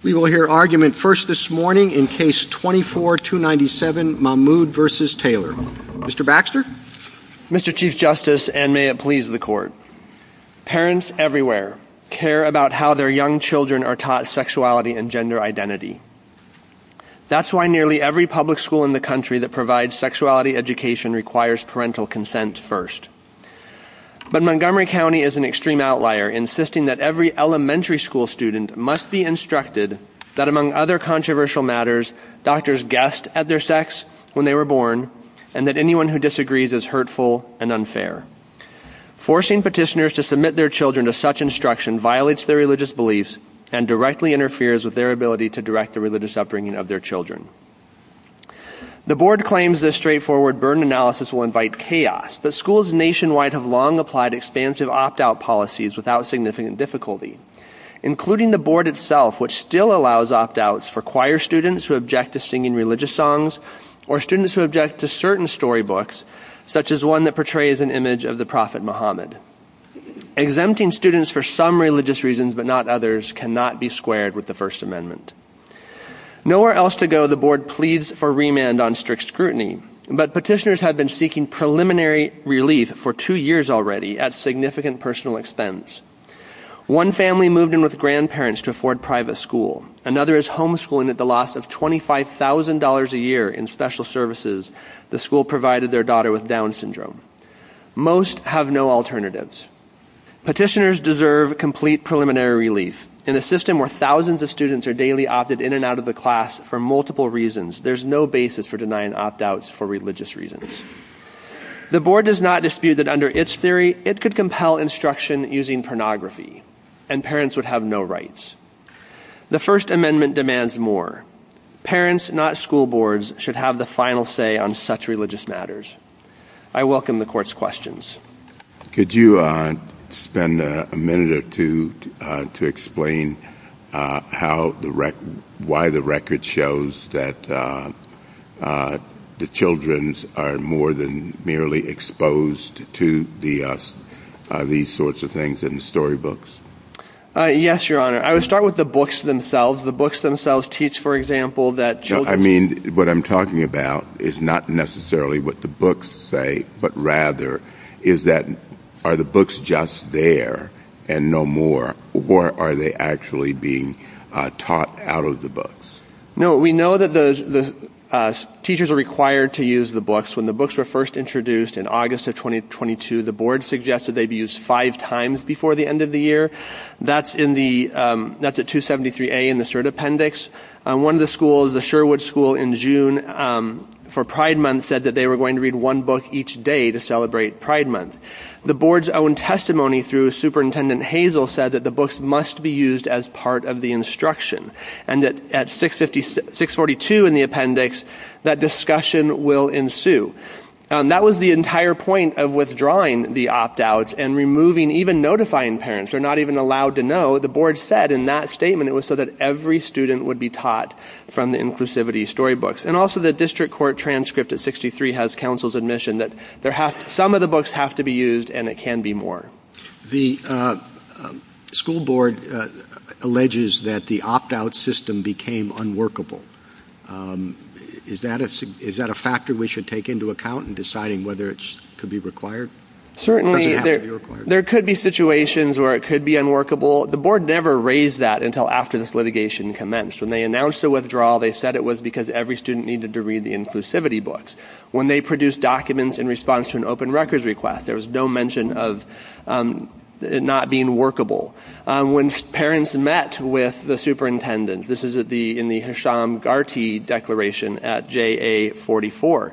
We will hear argument first this morning in Case 24-297, Mahmoud v. Taylor. Mr. Baxter? Mr. Chief Justice, and may it please the Court, parents everywhere care about how their young children are taught sexuality and gender identity. That's why nearly every public school in the country that provides sexuality education requires parental consent first. But Montgomery County is an extreme outlier, insisting that every elementary school student must be instructed that, among other controversial matters, doctors guessed at their sex when they were born, and that anyone who disagrees is hurtful and unfair. Forcing petitioners to submit their children to such instruction violates their religious beliefs and directly interferes with their ability to direct the religious upbringing of their children. The Board claims this straightforward burden analysis will invite chaos, but schools nationwide have long applied expansive opt-out policies without significant difficulty, including the Board itself, which still allows opt-outs for choir students who object to singing religious songs or students who object to certain storybooks, such as one that portrays an image of the Prophet Muhammad. Exempting students for some religious reasons, but not others, cannot be squared with the First Amendment. Nowhere else to go, the Board pleads for remand on strict scrutiny, but petitioners have been seeking preliminary relief for two years already at significant personal expense. One family moved in with grandparents to afford private school. Another is homeschooling at the loss of $25,000 a year in special services the school provided their daughter with Down syndrome. Most have no alternatives. Petitioners deserve complete preliminary relief. In a system where thousands of students are daily opted in and out of the class for multiple reasons, there's no basis for denying opt-outs for religious reasons. The Board does not dispute that under its theory it could compel instruction using pornography and parents would have no rights. The First Amendment demands more. Parents, not school boards, should have the final say on such religious matters. I welcome the Court's questions. Could you spend a minute or two to explain why the record shows that the children are more than merely exposed to these sorts of things in the storybooks? Yes, Your Honor. I would start with the books themselves. The books themselves teach, for example, that children... I mean, what I'm talking about is not necessarily what the books say, but rather is that, are the books just there and no more, or are they actually being taught out of the books? No, we know that the teachers are required to use the books. When the books were first introduced in August of 2022, the Board suggested they'd be used five times before the end of the year. That's in the... that's at 273A in the cert appendix. One of the schools, the Sherwood School in June for Pride Month, said that they were going to read one book each day to celebrate Pride Month. The Board's own testimony through Superintendent Hazel said that the books must be used as part of the instruction and that at 656... 642 in the appendix, that discussion will ensue. That was the entire point of withdrawing the opt-outs and removing... even notifying parents. They're not even allowed to know. The Board said in that statement it was so that every student would be taught from the inclusivity storybooks. And also the district court transcript at 63 has counsel's admission that there have... some of the books have to be used and it can be more. The school board alleges that the opt-out system became unworkable. Is that a factor we should take into account in deciding whether it could be required? Certainly, there could be situations where it could be unworkable. The Board never raised that until after this litigation commenced. When they announced the withdrawal, they said it was because every student needed to read the inclusivity books. When they produced documents in response to an open records request, there was no mention of it not being workable. When parents met with the superintendent, this is at the... in the Hisham Garti Declaration at JA44,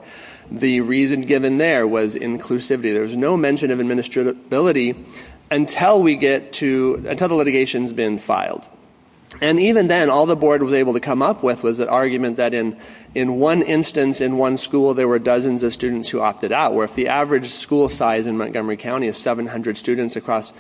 the reason given there was inclusivity. There was no mention of administratability until we get to... until litigation's been filed. And even then, all the Board was able to come up with was the argument that in one instance, in one school, there were dozens of students who opted out. Where if the average school size in Montgomery County is 700 students across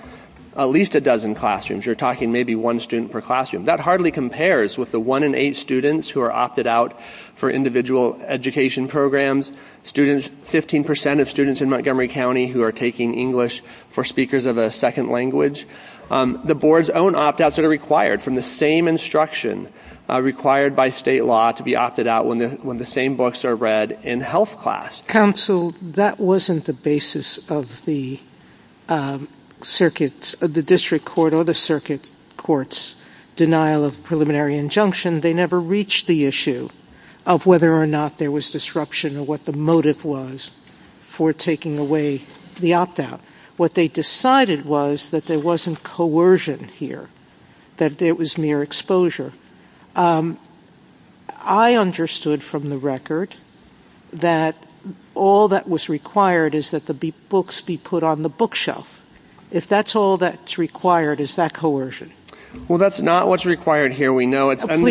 at least a dozen classrooms, you're talking maybe one student per classroom. That hardly compares with the one in eight students who are opted out for individual education programs. Students... 15% of students in Montgomery County who are taking English for speakers of a second language. The Board's own opt-outs are required from the same instruction required by state law to be opted out when the... when the same books are read in health class. Counsel, that wasn't the basis of the circuit... of the district court or the circuit court's denial of preliminary injunction. They never reached the issue of whether or not there was disruption or what the motive was for taking away the opt-out. What they decided was that there wasn't coercion here, that there was mere exposure. I understood from the record that all that was required is that the books be put on the bookshelf. If that's all that's required, is that coercion? Well, that's not what's required here. We know that's not what's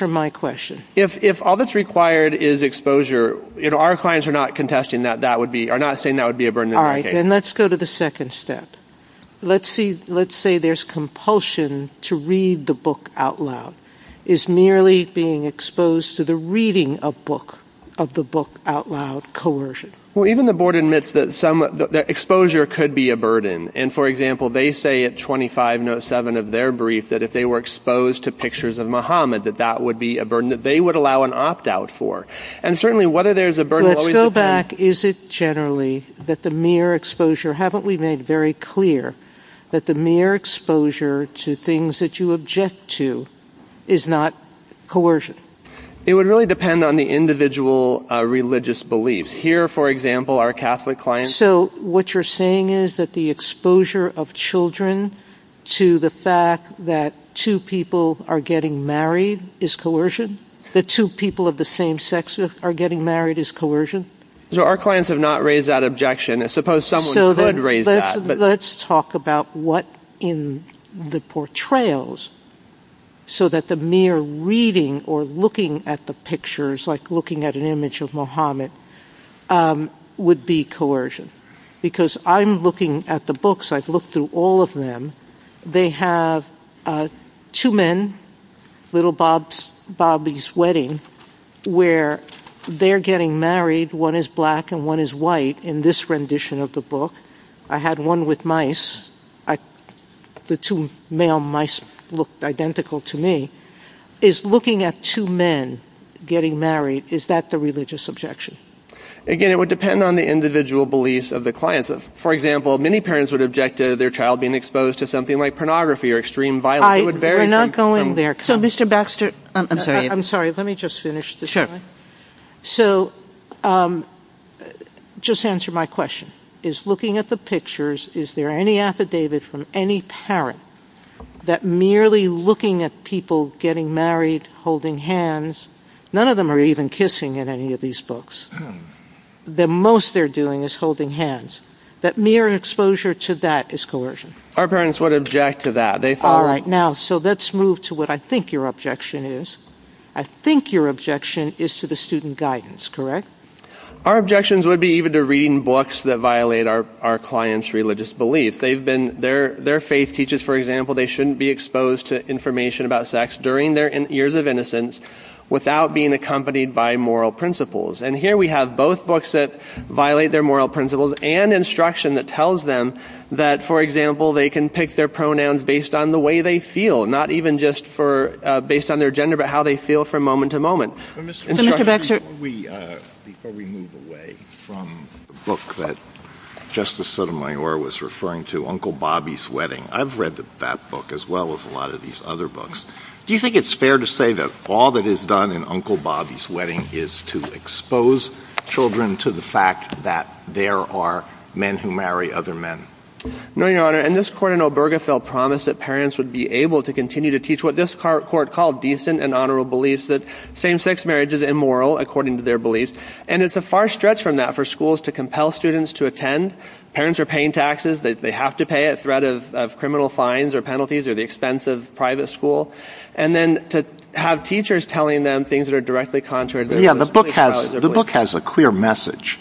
required. What's required is exposure. You know, our clients are not contesting that that would be... are not saying that would be a burden. All right, then let's go to the second step. Let's see... let's say there's compulsion to read the book out loud. Is merely being exposed to the reading of book... of the book out loud coercion? Well, even the Board admits that some... that exposure could be a burden. And, for example, they say at 25 note 7 of their brief that if they were exposed to pictures of Muhammad that that would be a burden that they would allow an opt-out for. And certainly whether there's a burden... Let's go back. Is it generally that the mere exposure... haven't we made very clear that the mere exposure to things that you object to is not coercion? It would really depend on the individual religious beliefs. Here, for example, our Catholic clients... So what you're saying is that the exposure of children to the fact that two people are getting married is coercion? The two people of the same sex are getting married is coercion? So our clients have not raised that objection. I suppose someone could raise that. Let's talk about what in the portrayals so that the mere reading or looking at the pictures, like looking at an image of Muhammad, would be coercion. Because I'm looking at the books. I've looked through all of them. They have two men, Little Bobby's Wedding, where they're getting married. One is black and one is white in this rendition of the book. I had one with mice. The two male mice looked identical to me. Is looking at two men getting married, is that the religious objection? Again, it would depend on the individual beliefs of the clients. For example, many parents would object to their child being exposed to something like pornography or extreme violence. We're not going there. So Mr. Baxter, I'm sorry, let me just finish. So just answer my question. Is looking at the pictures, is there any affidavit from any parent that merely looking at people getting married, holding hands, none of them are even kissing in any of these books. The most they're doing is holding hands. That mere exposure to that is coercion. Our parents would object to that. All right. Now, so let's move to what I think your objection is. I think your objection is to the student guidance, correct? Our objections would be even to reading books that violate our client's religious belief. Their faith teaches, for example, they shouldn't be exposed to information about sex during their years of innocence without being accompanied by moral principles. And here we have both books that violate their moral principles and instruction that tells them that, for example, they can pick their pronouns based on the way they feel, not even just based on their gender, but how they feel from moment to moment. Before we move away from the book that Justice Sotomayor was referring to, Uncle Bobby's Wedding, I've read that book as well as a lot of these other books. Do you think it's fair to say that all that is done in Uncle Bobby's Wedding is to expose children to the fact that there are men who marry other men? No, Your Honor. And this court in Obergefell promised that parents would be able to continue to teach what this court called decent and honorable beliefs, that same-sex marriage is immoral according to their beliefs. And it's a far stretch from that for schools to compel students to attend. Parents are paying taxes that they have to pay at threat of criminal fines or penalties or the expense of private school. And then to have teachers telling them things that are directly contrary to their beliefs. Yeah, the book has a clear message.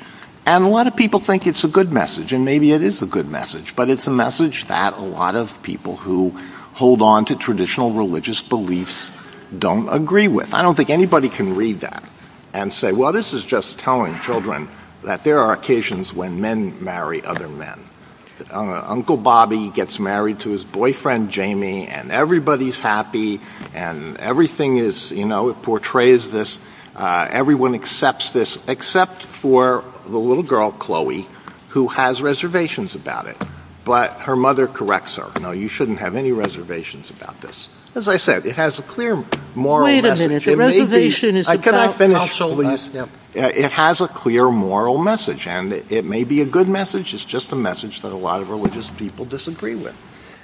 And a lot of people think it's a good message, and maybe it is a good message. But it's a message that a lot of people who hold on to traditional religious beliefs don't agree with. I don't think anybody can read that and say, well, this is just telling children that there are occasions when men marry other men. Uncle Bobby gets married to his boyfriend, Jamie, and everybody's happy and everything is, you know, it portrays this. Everyone accepts this, except for the little girl, Chloe, who has reservations about it. But her mother corrects her. No, you shouldn't have any reservations about this. As I said, it has a clear moral message. I could not finish, but it has a clear moral message. And it may be a good message. It's just a message that a lot of religious people disagree with.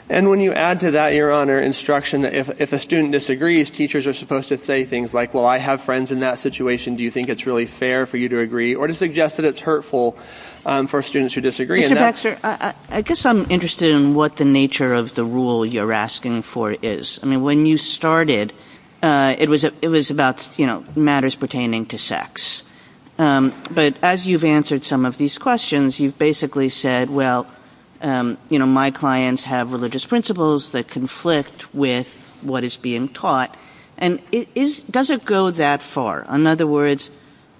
And when you add to that, Your Honor, instruction that if a student disagrees, teachers are supposed to say things like, well, I have friends in that situation. Do you think it's really fair for you to agree or to suggest that it's hurtful for students who disagree? Mr. Baxter, I guess I'm interested in what the nature of the rule you're asking for is. I mean, you started, it was about matters pertaining to sex. But as you've answered some of these questions, you've basically said, well, my clients have religious principles that conflict with what is being taught. And does it go that far? In other words,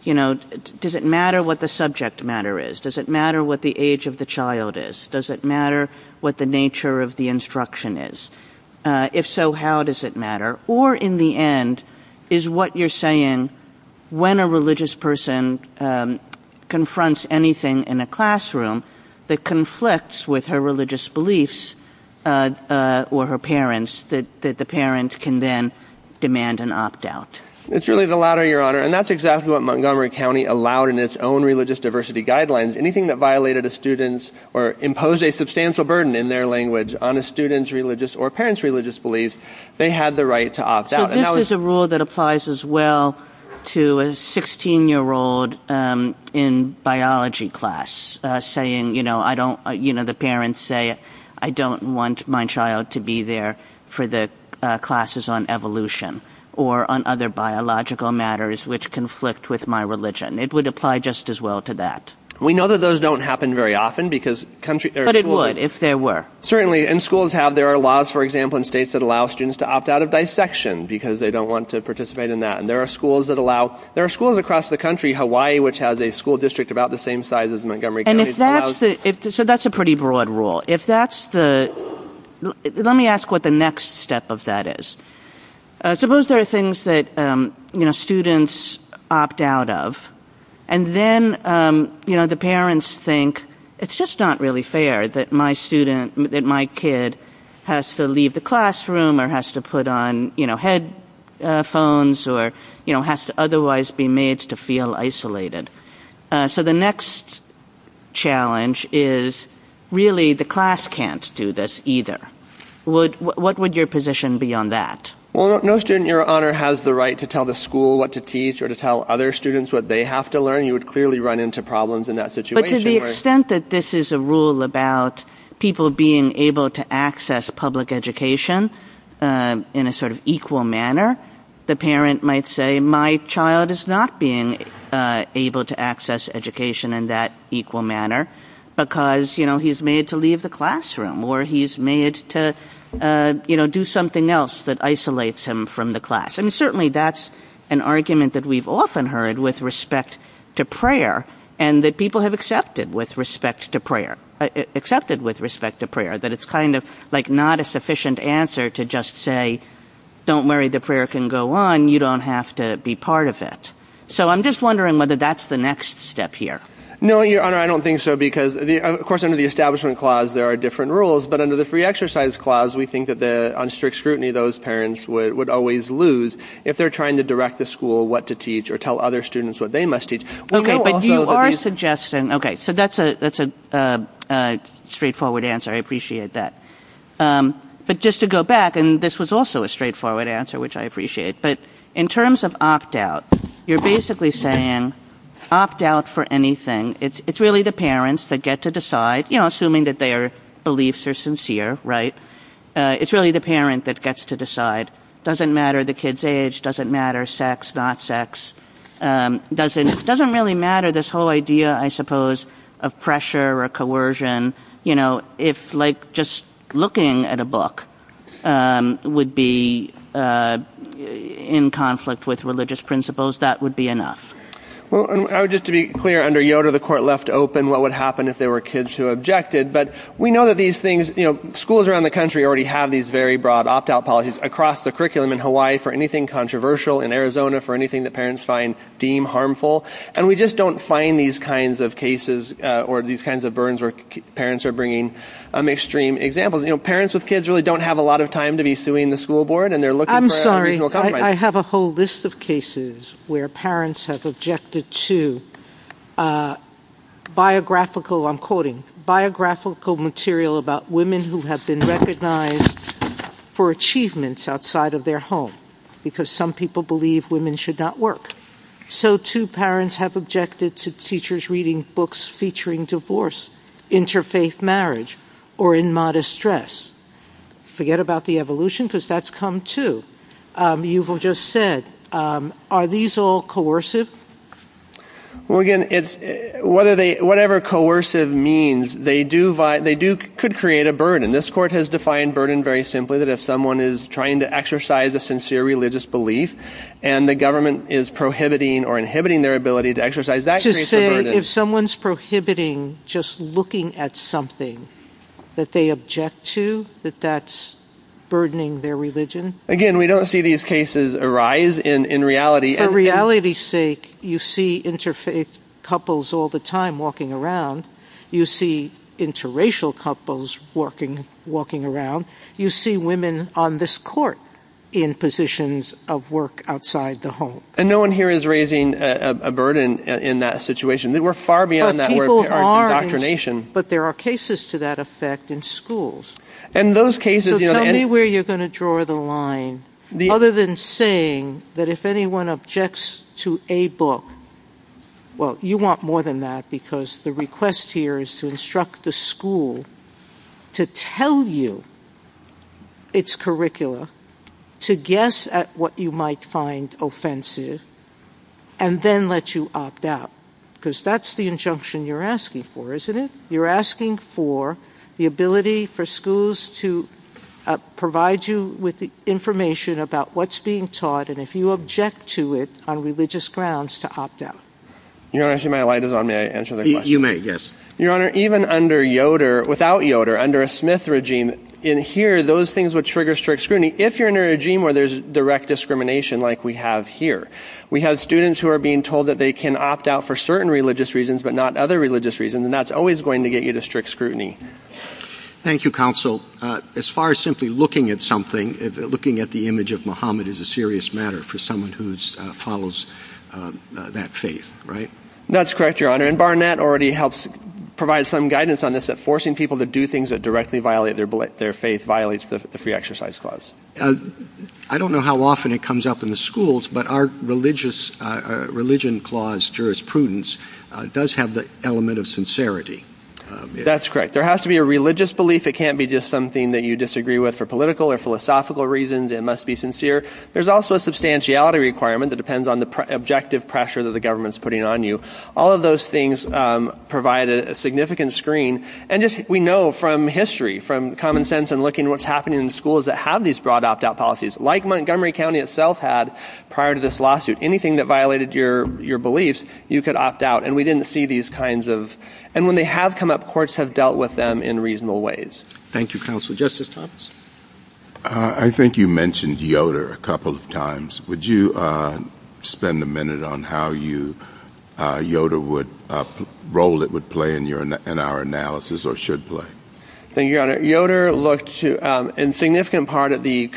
does it matter what the subject matter is? Does it matter what the age of the child is? Does it matter what the nature of the instruction is? If so, how does it matter? Or in the end, is what you're saying, when a religious person confronts anything in a classroom that conflicts with her religious beliefs or her parents, that the parents can then demand an opt out? It's really the latter, Your Honor. And that's exactly what Montgomery County allowed in its own religious diversity guidelines. Anything that violated a student's or imposed a substantial burden in their language on a student's religious or parents' religious beliefs, they had the right to opt out. But this is a rule that applies as well to a 16-year-old in biology class saying, you know, the parents say, I don't want my child to be there for the classes on evolution or on other biological matters which conflict with my religion. It would apply just as well to that. We know that those don't happen very often because country... But it would if there were. Certainly. And schools have, there are laws, for example, in states that allow students to opt out of dissection because they don't want to participate in that. And there are schools that allow, there are schools across the country, Hawaii, which has a school district about the same size as Montgomery County. And if that's, so that's a pretty broad rule. If that's the, let me ask what the next step of that is. Suppose there are things that, you know, students opt out of. And then, you know, the parents think it's just not really fair that my student, that my kid has to leave the classroom or has to put on, you know, headphones or, you know, has to otherwise be made to feel isolated. So the next challenge is really the class can't do this either. What would your position be on that? Well, no student, Your Honor, has the right to tell the school what to teach or to tell other students what they have to learn. You would clearly run into problems in that situation. But to the extent that this is a rule about people being able to access public education in a sort of equal manner, the parent might say, my child is not being able to access education in that equal manner because, you know, he's made to leave the classroom or he's made to, you know, do something else that isolates him from the class. I mean, certainly that's an argument that we've often heard with respect to prayer and that people have accepted with respect to prayer, accepted with respect to prayer, that it's kind of like not a sufficient answer to just say, don't worry, the prayer can go on. You don't have to be part of it. So I'm just wondering whether that's the next step here. No, Your Honor, I don't think so because, of course, under the establishment clause, there are different rules. But under the free exercise clause, we think that on strict scrutiny, those parents would always lose if they're trying to direct the school what to teach or tell other students what they must teach. Okay, but you are suggesting, okay, so that's a straightforward answer. I appreciate that. But just to go back, and this was also a straightforward answer, which I appreciate. But in terms of opt out, you're basically saying opt out for anything. It's really the parents that get to decide, you know, assuming that their beliefs are sincere, right? It's really the parent that gets to decide. It doesn't matter the kid's age, doesn't matter sex, not sex. It doesn't really matter this whole idea, I suppose, of pressure or coercion. You know, if like just looking at a book would be in conflict with religious principles, that would be enough. Well, just to be clear, under Yoder, the court left open what would happen if there were kids who objected. But we know that these things, you know, schools around the country already have these very broad opt out policies across the curriculum in Hawaii for anything controversial, in Arizona for anything that parents find deemed harmful. And we just don't find these kinds of cases or these kinds of burns where parents are bringing extreme examples. You know, parents with kids really don't have a lot of time to be suing the school board, and they're looking for a reasonable compromise. I'm sorry, I have a whole list of cases where parents have objected to a biographical, I'm quoting, biographical material about women who have been recognized for achievements outside of their home, because some people believe women should not work. So too parents have objected to teachers reading books featuring divorce, interfaith marriage, or in modest stress. Forget about the evolution, because that's come too. You've just said, are these all coercive? Well, again, it's whether they whatever coercive means they do, they do could create a burden. This court has defined burden very simply that if someone is trying to exercise a sincere religious belief, and the government is prohibiting or inhibiting their ability to exercise that. If someone's prohibiting just looking at something that they object to that that's burdening their religion. Again, we don't see these cases arise in reality. For reality's sake, you see interfaith couples all the time walking around. You see interracial couples walking around. You see women on this court in positions of work outside the home. And no one here is raising a burden in that situation. We're far beyond that. But there are cases to that effect in schools. In those cases, tell me where you're going to draw the line. Other than saying that if anyone objects to a book, well, you want more than that, because the request here is to instruct the school to tell you its curricula, to guess at what you might find offensive, and then let you opt out. Because that's the injunction you're asking for, isn't it? You're asking for the ability for schools to provide you with the information about what's being taught, and if you object to it on religious grounds, to opt out. Your Honor, I see my light is on. May I answer the question? You may, yes. Your Honor, even under Yoder, without Yoder, under a Smith regime, in here, those things would trigger strict scrutiny if you're in a regime where there's direct discrimination like we have here. We have students who are being told that they can opt out for certain religious reasons, but not other religious reasons, and that's always going to get you to strict scrutiny. Thank you, Counsel. As far as simply looking at something, looking at the image of Muhammad is a serious matter for someone who follows that faith, right? That's correct, Your Honor, and Barnett already helps provide some guidance on this, that forcing people to do things that directly violate their faith violates the free exercise clause. I don't know how often it comes up in the schools, but our religion clause, jurisprudence, does have the element of sincerity. That's correct. There has to be a religious belief. It can't be just something that you disagree with for political or philosophical reasons. It must be sincere. There's also a substantiality requirement that depends on the objective pressure that the government's putting on you. All of those things provide a significant screen, and just, we know from history, from common sense and looking at what's happening in schools that have these broad opt-out policies, like Montgomery County itself had prior to this lawsuit. Anything that violated your beliefs, you could opt out, and we didn't see these kinds of, and when they have come up, courts have dealt with them in reasonable ways. Thank you, Counsel. Justice Thomas? I think you mentioned Yoder a couple of times. Would you spend a minute on how Yoder would, role it would play in our analysis or should play? Thank you, Your Honor. Yoder looked, in significant part, at the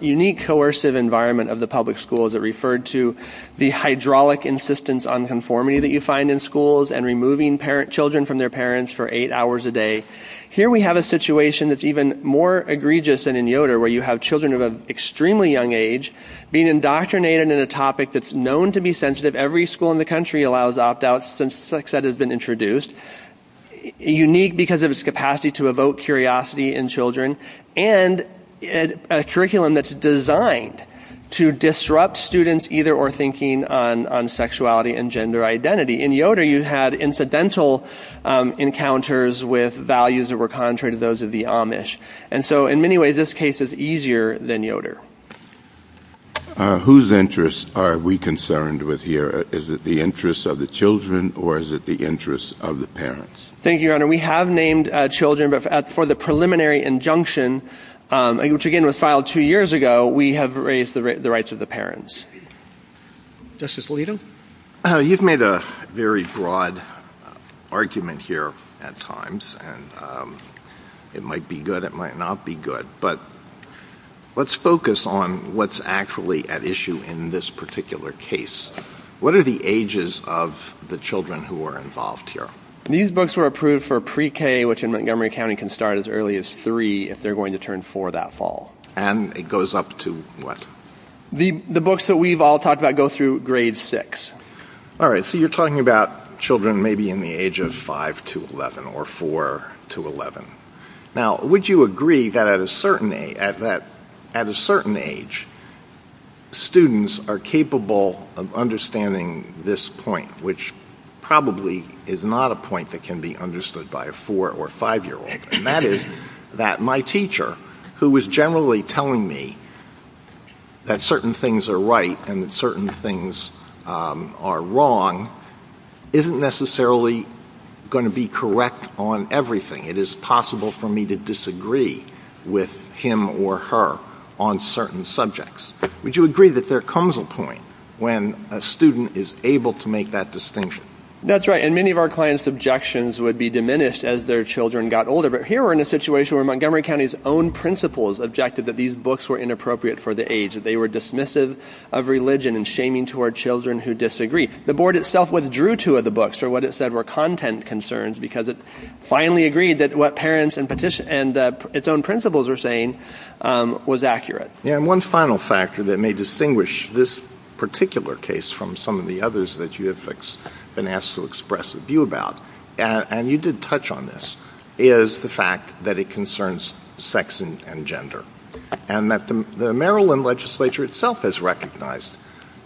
unique coercive environment of the public schools. It referred to the hydraulic insistence on conformity that you find in schools and removing children from their parents for eight hours a day. Here we have a situation that's even more egregious than in Yoder, where you have children of an extremely young age being indoctrinated in a topic that's known to be sensitive. Every school in the country allows opt-outs since sex ed has been introduced. Unique because of its capacity to evoke curiosity in children and a curriculum that's designed to disrupt students' either or thinking on sexuality and gender identity. In Yoder, you had incidental encounters with values that were contrary to those of the Amish. And so, in many ways, this case is easier than Yoder. Whose interests are we concerned with here? Is it the interests of the children or is it the interests of the parents? Thank you, Your Honor. We have named children, but for the preliminary injunction, which again was filed two years ago, we have raised the rights of the parents. Justice Alito? You've made a very broad argument here at times, and it might be good, it might not be good, but let's focus on what's actually at issue in this particular case. What are the ages of the children who are involved here? These books were approved for pre-K, which in Montgomery County can start as early as if they're going to turn four that fall. And it goes up to what? The books that we've all talked about go through grade six. All right, so you're talking about children maybe in the age of five to 11 or four to 11. Now, would you agree that at a certain age, students are capable of understanding this point, which probably is not a point that can be understood by a four- or five-year-old. That is that my teacher, who is generally telling me that certain things are right and certain things are wrong, isn't necessarily going to be correct on everything. It is possible for me to disagree with him or her on certain subjects. Would you agree that there comes a point when a student is able to make that distinction? That's right, and many of our clients' objections would be diminished as their children got older, but here we're in a situation where Montgomery County's own principals objected that these books were inappropriate for the age, that they were dismissive of religion and shaming toward children who disagree. The board itself withdrew two of the books for what it said were content concerns because it finally agreed that what parents and its own principals were saying was accurate. And one final factor that may distinguish this particular case from some of the others that you have been asked to express a view about, and you did touch on this, is the fact that it concerns sex and gender, and that the Maryland legislature itself has recognized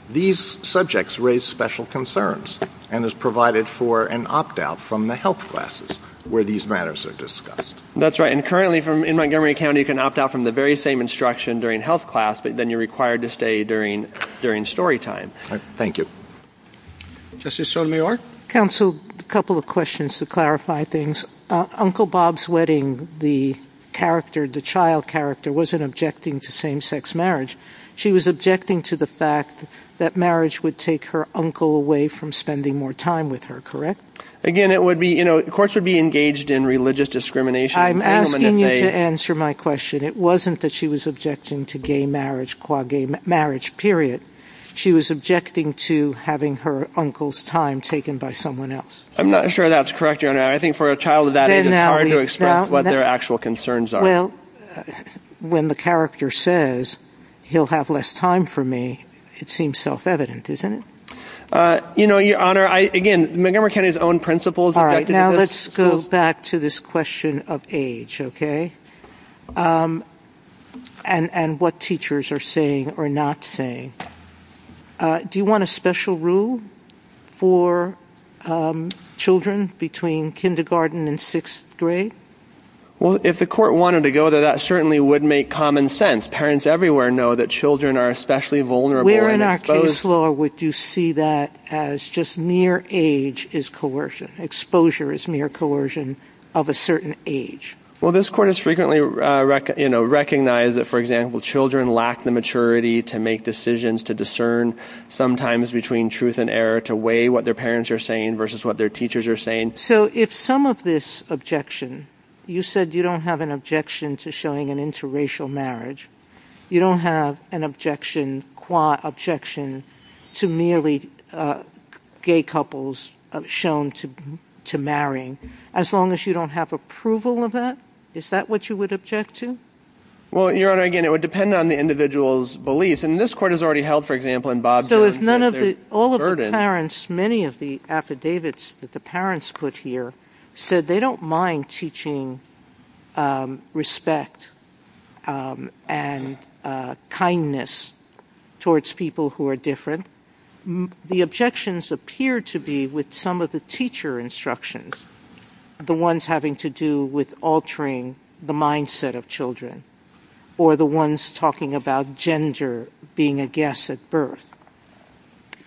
these subjects raise special concerns and has provided for an opt-out from the health classes where these matters are discussed. That's right, and currently in Montgomery County you can opt out from the very same instruction during health class, but then you're required to stay during story time. Thank you. Counsel, a couple of questions to clarify things. Uncle Bob's wedding, the child character, wasn't objecting to same-sex marriage. She was objecting to the fact that marriage would take her uncle away from spending more time with her, correct? Again, courts would be engaged in religious discrimination. I'm asking you to answer my question. It wasn't that she was objecting to gay marriage, qua gay marriage, period. She was objecting to having her uncle's time taken by someone else. I'm not sure that's correct, Your Honor. I think for a child of that age, it's hard to express what their actual concerns are. Well, when the character says, he'll have less time for me, it seems self-evident, isn't it? You know, Your Honor, again, Montgomery County's own principles objected to this. All right, now let's go back to this question of age, okay, and what teachers are saying or not saying. Do you want a special rule for children between kindergarten and sixth grade? Well, if the court wanted to go there, that certainly would make common sense. Parents everywhere know that children are especially vulnerable. Where in our case law would you see that as just mere age is coercion? Exposure is mere coercion of a certain age. Well, this court has frequently recognized that, for example, children lack the maturity to make decisions, to discern sometimes between truth and error, to weigh what their parents are saying versus what their teachers are saying. So if some of this objection, you said you don't have an objection to showing an interracial marriage, you don't have an objection, qua objection, to merely gay couples shown to marrying, as long as you don't have approval of that, is that what you would object to? Well, Your Honor, again, it would depend on the individual's beliefs. And this court has already held, for example, in Bob's... So if none of the, all of the parents, many of the affidavits that the parents put here said they don't mind teaching respect and kindness towards people who are different, the objections appear to be with some of the teacher instructions, the ones having to do with altering the mindset of children, or the ones talking about gender being a guess at birth.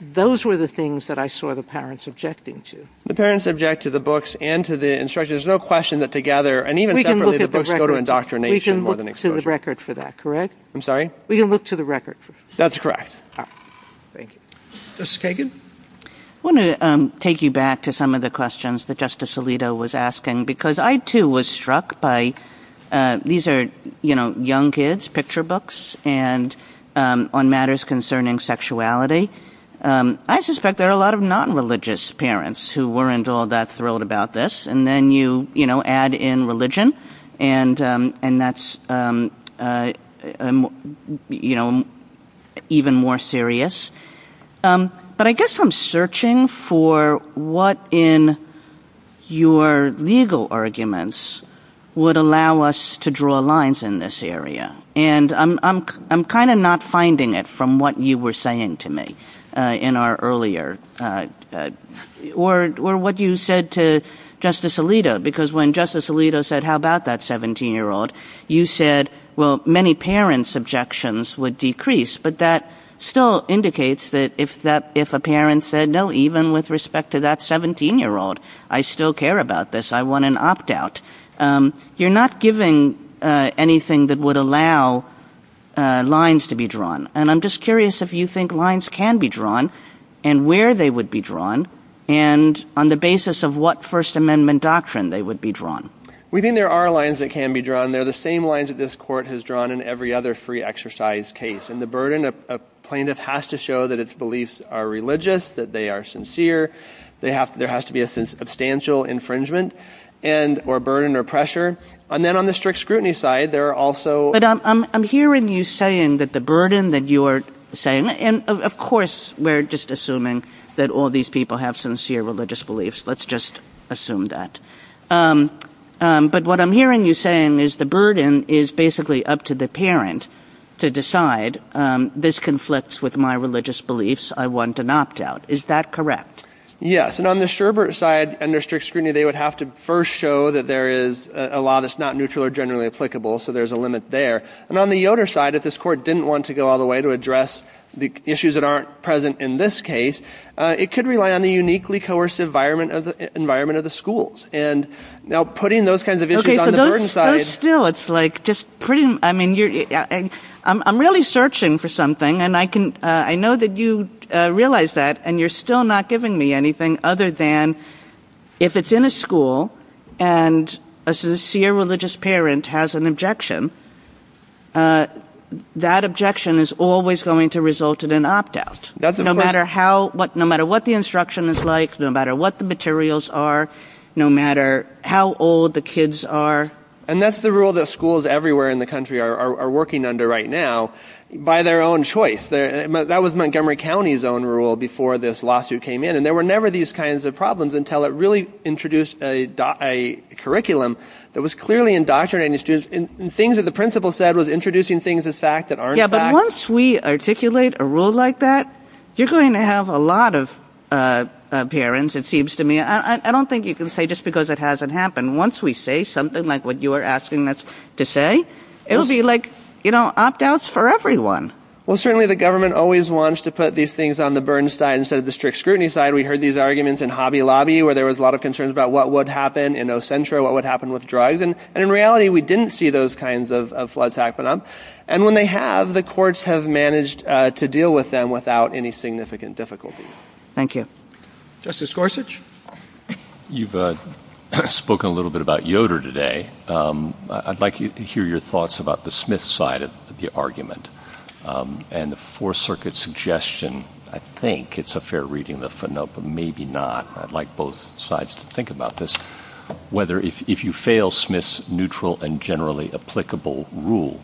Those were the things that I saw the parents objecting to. The parents object to the books and to the instructions. There's no question that together, and even separately, the books go to indoctrination more than exposure. We can look to the record for that, correct? I'm sorry? We can look to the record for that. That's correct. Thank you. Justice Kagan? I wanted to take you back to some of the questions that Justice Alito was asking, because I too was struck by, these are, you know, young kids, picture books, and on matters concerning sexuality. I suspect there are a lot of non-religious parents who weren't all that thrilled about this. And then you, you know, add in religion, and that's, you know, even more serious. But I guess I'm searching for what in your legal arguments would allow us to draw lines in this area. And I'm kind of not finding it from what you were saying to me in our earlier, or what you said to Justice Alito, because when Justice Alito said, how about that 17-year-old, you said, well, many parents' objections would decrease. But that still indicates that if a parent said, no, even with respect to that 17-year-old, I still care about this. I want an opt-out. You're not giving anything that would allow lines to be drawn. And I'm just curious if you think lines can be drawn, and where they would be drawn, and on the basis of what First Amendment doctrine they would be drawn. We think there are lines that can be drawn. They're the same lines that this Court has drawn in every other free exercise case. And the burden of a plaintiff has to show that its beliefs are religious, that they are sincere. There has to be a substantial infringement or burden or pressure. And then on the strict scrutiny side, there are also— But I'm hearing you saying that the burden that you're saying, and of course, we're just assuming that all these people have sincere religious beliefs. Let's just assume that. But what I'm hearing you saying is the burden is basically up to the parent to decide, this conflicts with my religious beliefs. I want an opt-out. Is that correct? Yes. And on the Sherbert side, under strict scrutiny, they would have to first show that there is a law that's not neutral or generally applicable. So there's a limit there. And on the Yoder side, that this Court didn't want to go all the way to address the issues that aren't present in this case. It could rely on a uniquely coerced environment of the schools. And now putting those kinds of issues on the burden side— But still, it's like just putting—I mean, I'm really searching for something. And I know that you realize that. And you're still not giving me anything other than if it's in a school and a sincere religious parent has an objection, that objection is always going to result in an opt-out. No matter what the instruction is like, no matter what the materials are, no matter how old the kids are. And that's the rule that schools everywhere in the country are working under right now by their own choice. That was Montgomery County's own rule before this lawsuit came in. And there were never these kinds of problems until it really introduced a curriculum that was clearly indoctrinating the students. And things that the principal said was introducing things as fact that aren't fact. Yeah, but once we articulate a rule like that, you're going to have a lot of parents, it seems to me. I don't think you can say just because it hasn't happened. Once we say something like what you are asking us to say, it'll be like, you know, opt-outs for everyone. Well, certainly the government always wants to put these things on the burden side instead of the strict scrutiny side. We heard these arguments in Hobby Lobby where there was a lot of concerns about what would happen in Ocentra, what would happen with drugs. And in reality, we didn't see those kinds of floods happen. And when they have, the courts have managed to deal with them without any significant difficulty. Thank you. Justice Gorsuch? You've spoken a little bit about Yoder today. I'd like to hear your thoughts about the Smith side of the argument. And the Fourth Circuit's suggestion, I think it's a fair reading of the Finopa. Maybe not. I'd like both sides to think about this. Whether if you fail Smith's neutral and generally applicable rule,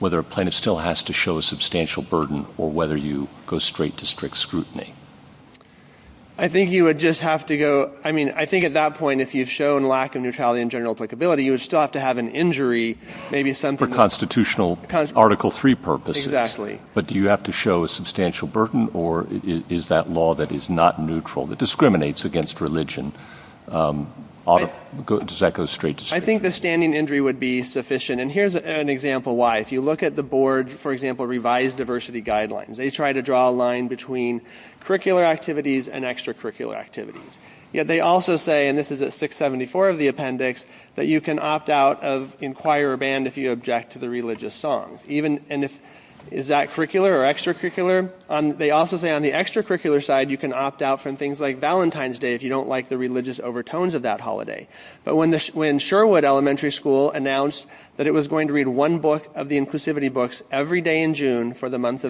whether a plaintiff still has to show a substantial burden or whether you go straight to strict scrutiny. I think you would just have to go. I mean, I think at that point, if you've shown lack of neutrality and general applicability, you would still have to have an injury, maybe some for constitutional Article 3 purposes. Exactly. But do you have to show a substantial burden or is that law that is not neutral, that discriminates against religion? Does that go straight to scrutiny? I think the standing injury would be sufficient. And here's an example why. If you look at the board, for example, revised diversity guidelines, they try to draw a line between curricular activities and extracurricular activities. Yet they also say, and this is at 674 of the appendix, that you can opt out of inquire or ban if you object to the religious song. And is that curricular or extracurricular? They also say on the extracurricular side, you can opt out from things like Valentine's Day if you don't like the religious overtones of that holiday. But when Sherwood Elementary School announced that it was going to read one book of the inclusivity books every day in June for the month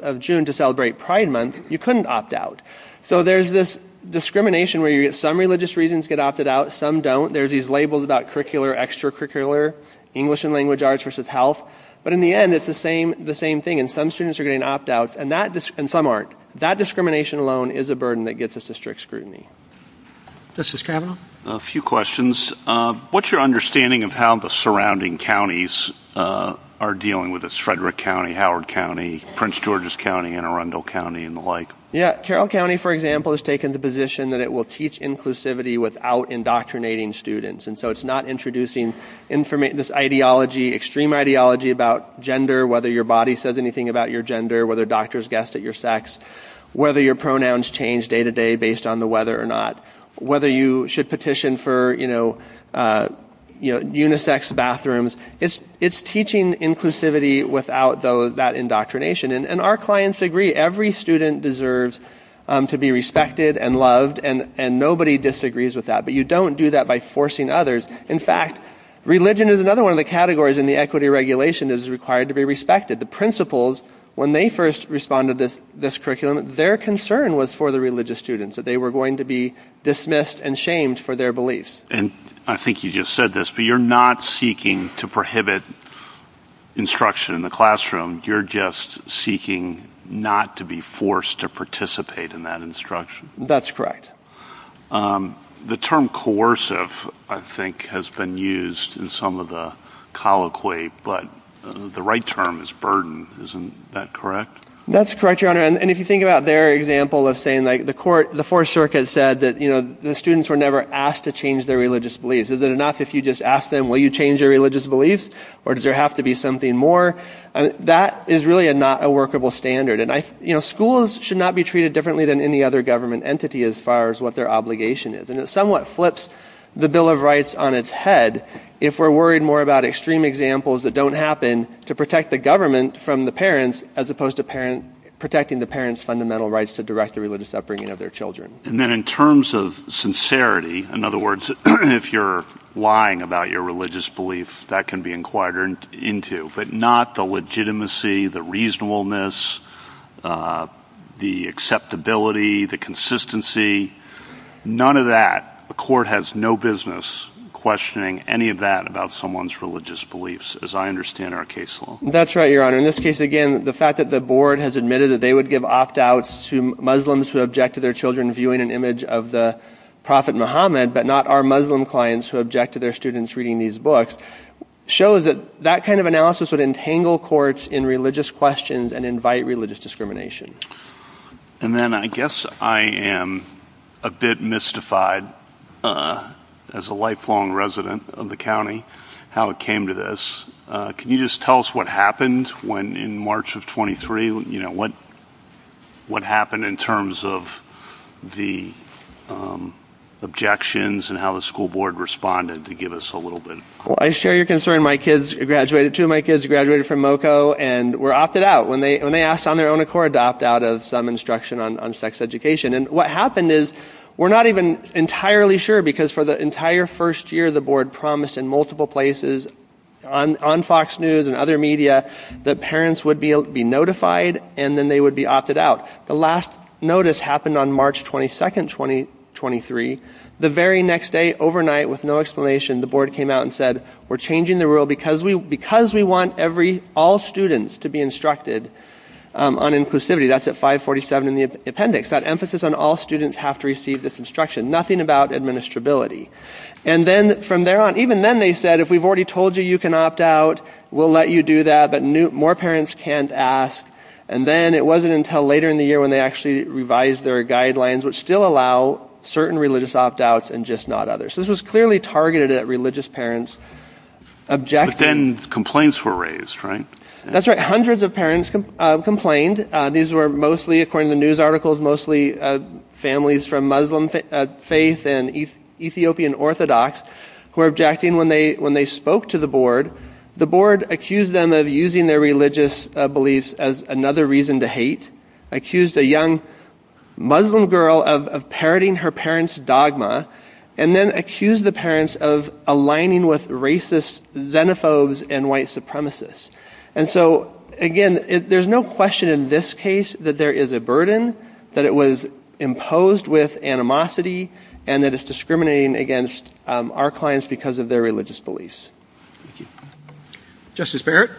of June to celebrate Pride Month, you couldn't opt out. So there's this discrimination where some religious reasons get opted out, some don't. There's these labels about curricular, extracurricular, English and language arts versus health. But in the end, it's the same thing. Some students are getting opt-outs and some aren't. That discrimination alone is a burden that gets us to strict scrutiny. This is Kevin. A few questions. What's your understanding of how the surrounding counties are dealing with this? Frederick County, Howard County, Prince George's County, Anne Arundel County and the like. Yeah, Carroll County, for example, has taken the position that it will teach inclusivity without indoctrinating students. And so it's not introducing this ideology, extreme ideology about gender, whether your body says anything about your gender, whether doctors guessed at your sex, whether your pronouns change day to day based on the weather or not, whether you should petition for unisex bathrooms. It's teaching inclusivity without that indoctrination. And our clients agree. Every student deserves to be respected and loved, and nobody disagrees with that. But you don't do that by forcing others. In fact, religion is another one of the categories and the equity regulation is required to be respected. The principals, when they first responded to this curriculum, their concern was for the religious students, that they were going to be dismissed and shamed for their beliefs. And I think you just said this, but you're not seeking to prohibit instruction in the classroom. You're just seeking not to be forced to participate in that instruction. That's correct. The term coercive, I think, has been used in some of the colloquy, but the right term is burden. Isn't that correct? That's correct, Your Honor. And if you think about their example of saying like the court, the Fourth Circuit said that, you know, the students were never asked to change their religious beliefs. Is it enough if you just ask them, will you change your religious beliefs? Or does there have to be something more? That is really not a workable standard. And I, you know, schools should not be treated differently than any other government entity as far as what their obligation is. And it somewhat flips the Bill of Rights on its head if we're worried more about extreme examples that don't happen to protect the government from the parents, as opposed to protecting the parents' fundamental rights to direct the religious upbringing of their children. And then in terms of sincerity, in other words, if you're lying about your religious belief, that can be inquired into, but not the legitimacy, the reasonableness, the acceptability, the consistency, none of that. The court has no business questioning any of that about someone's religious beliefs, as I understand our case law. That's right, Your Honor. In this case, again, the fact that the board has admitted that they would give opt-outs to Muslims who object to their children viewing an image of the Prophet Muhammad, but not our Muslim clients who object to their students reading these books, shows that that kind of analysis would entangle courts in religious questions and invite religious discrimination. And then I guess I am a bit mystified, as a lifelong resident of the county, how it came to this. Can you just tell us what happened in March of 23? You know, what happened in terms of the objections and how the school board responded to give us a little bit? Well, I share your concern. My kids graduated too. My kids graduated from MoCo and were opted out when they asked on their own accord to adopt out of some instruction on sex education. And what happened is, we're not even entirely sure, because for the entire first year, the board promised in multiple places, on Fox News and other media, that parents would be notified and then they would be opted out. The last notice happened on March 22, 2023. The very next day, overnight, with no explanation, the board came out and said, we're changing the rule because we want every, all students to be instructed on inclusivity. That's at 547 in the appendix. That emphasis on all students have to receive this instruction. Nothing about administrability. And then from there on, even then they said, if we've already told you you can opt out, we'll let you do that, but more parents can't ask. And then it wasn't until later in the year when they actually revised their guidelines, which still allow certain religious opt outs and just not others. This was clearly targeted at religious parents. But then complaints were raised, right? That's right. Hundreds of parents complained. These were mostly, according to news articles, mostly families from Muslim faith and Ethiopian Orthodox who were objecting when they spoke to the board. The board accused them of using their religious beliefs as another reason to hate, accused a young Muslim girl of parroting her parents' dogma, and then accused the parents of aligning with racist xenophobes and white supremacists. And so, again, there's no question in this case that there is a burden, that it was imposed with animosity, and that it's discriminating against our clients because of their religious beliefs. Justice Barrett.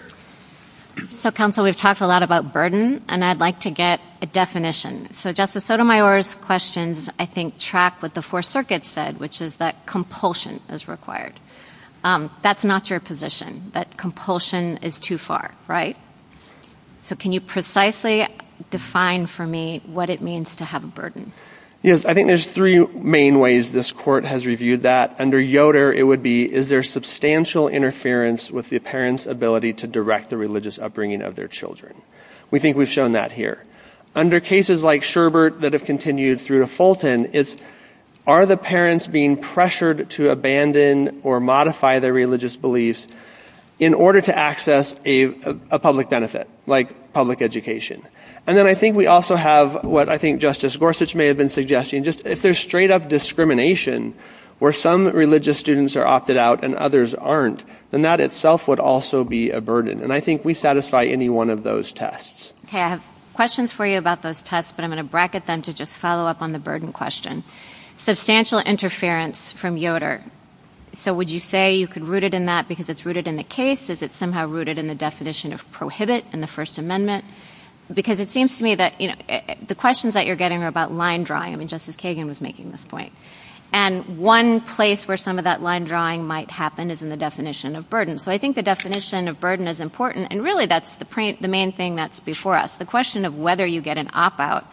So, counsel, we've talked a lot about burden, and I'd like to get a definition. So Justice Sotomayor's questions, I think, track what the Fourth Circuit said, which is that compulsion is required. That's not your position, that compulsion is too far, right? So can you precisely define for me what it means to have a burden? Yes, I think there's three main ways this court has reviewed that. Under Yoder, it would be, is there substantial interference with the parents' ability to direct the religious upbringing of their children? We think we've shown that here. Under cases like Sherbert that have continued through Fulton, it's, are the parents being pressured to abandon or modify their religious beliefs in order to access a public benefit, like public education? And then I think we also have, what I think Justice Gorsuch may have been suggesting, if there's straight-up discrimination, where some religious students are opted out and others aren't, then that itself would also be a burden. And I think we satisfy any one of those tests. Okay, I have questions for you about those tests, but I'm gonna bracket them to just follow up on the burden question. Substantial interference from Yoder. So would you say you could root it in that because it's rooted in the case? Is it somehow rooted in the definition of prohibit in the First Amendment? Because it seems to me that the questions that you're getting are about line drawing. I mean, Justice Kagan was making this point. And one place where some of that line drawing might happen is in the definition of burden. So I think the definition of burden is important. And really, that's the main thing that's before us. The question of whether you get an opt-out.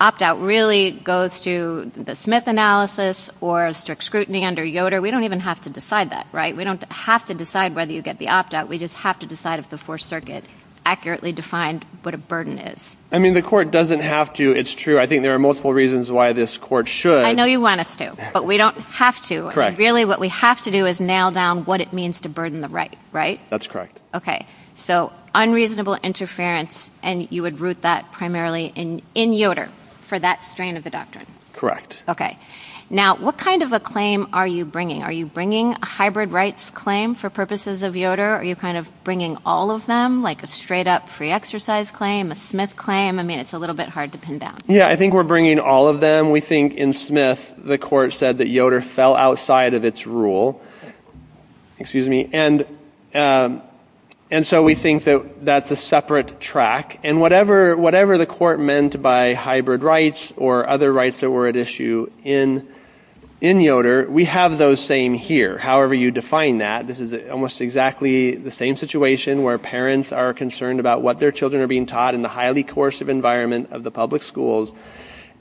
Opt-out really goes to the Smith analysis or strict scrutiny under Yoder. We don't even have to decide that, right? We don't have to decide whether you get the opt-out. We just have to decide if the Fourth Circuit accurately defined what a burden is. I mean, the court doesn't have to. It's true. I think there are multiple reasons why this court should. I know you want us to, but we don't have to. Really, what we have to do is nail down what it means to burden the right, right? That's correct. Okay. So unreasonable interference, and you would root that primarily in Yoder for that strain of the doctrine. Okay. Now, what kind of a claim are you bringing? Are you bringing a hybrid rights claim for purposes of Yoder? Are you kind of bringing all of them, like a straight-up free exercise claim, a Smith claim? I mean, it's a little bit hard to pin down. Yeah, I think we're bringing all of them. We think in Smith, the court said that Yoder fell outside of its rule. Excuse me. And so we think that that's a separate track. And whatever the court meant by hybrid rights or other rights that were at issue in Yoder, we have those same here, however you define that. This is almost exactly the same situation where parents are concerned about what their children are being taught in the highly coercive environment of the public schools.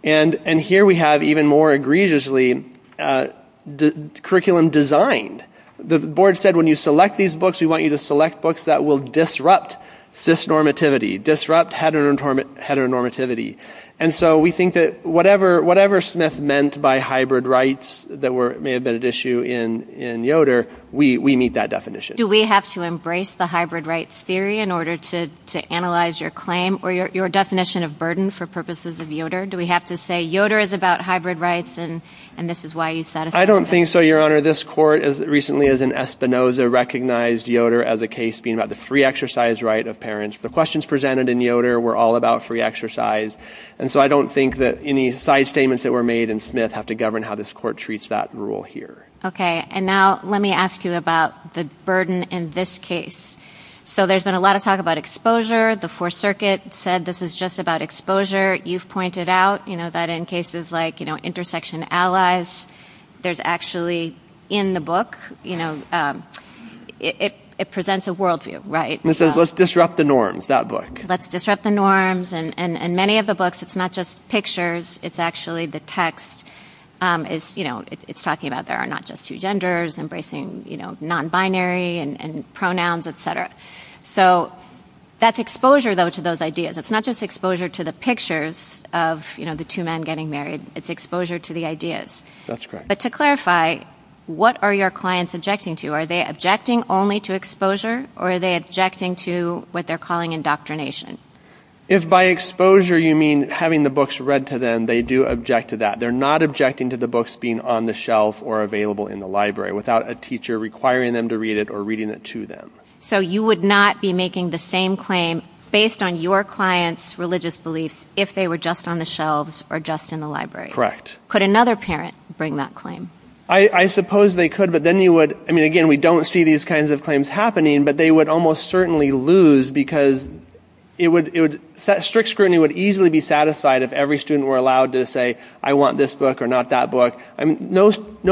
And here we have, even more egregiously, the curriculum designed. The board said, when you select these books, we want you to select books that will disrupt cis-normativity, disrupt heteronormativity. And so we think that whatever Smith meant by hybrid rights that may have been at issue in Yoder, we meet that definition. Do we have to embrace the hybrid rights theory in order to analyze your claim or your definition of burden for purposes of Yoder? Do we have to say, Yoder is about hybrid rights and this is why you satisfied? I don't think so, Your Honor. This court recently, as in Espinoza, recognized Yoder as a case being about the free exercise right of parents. The questions presented in Yoder were all about free exercise. And so I don't think that any side statements that were made in Smith have to govern how this court treats that rule here. OK. And now let me ask you about the burden in this case. So there's been a lot of talk about exposure. The Fourth Circuit said this is just about exposure. You've pointed out that in cases like intersection allies, there's actually, in the book, it presents a worldview, right? And it says, let's disrupt the norms, that book. Let's disrupt the norms. And in many of the books, it's not just pictures. It's actually the text. It's talking about there are not just two genders, embracing non-binary and pronouns, et cetera. So that's exposure, though, to those ideas. It's not just exposure to the pictures of the two men getting married. It's exposure to the ideas. That's correct. But to clarify, what are your clients objecting to? Are they objecting only to exposure? Or are they objecting to what they're calling indoctrination? If by exposure, you mean having the books read to them, they do object to that. They're not objecting to the books being on the shelf or available in the library without a teacher requiring them to read it or reading it to them. So you would not be making the same claim based on your client's religious beliefs if they were just on the shelves or just in the library? Correct. Could another parent bring that claim? I suppose they could. But then you would, I mean, again, we don't see these kinds of claims happening. But they would almost certainly lose because strict scrutiny would easily be satisfied if every student were allowed to say, I want this book or not that book. No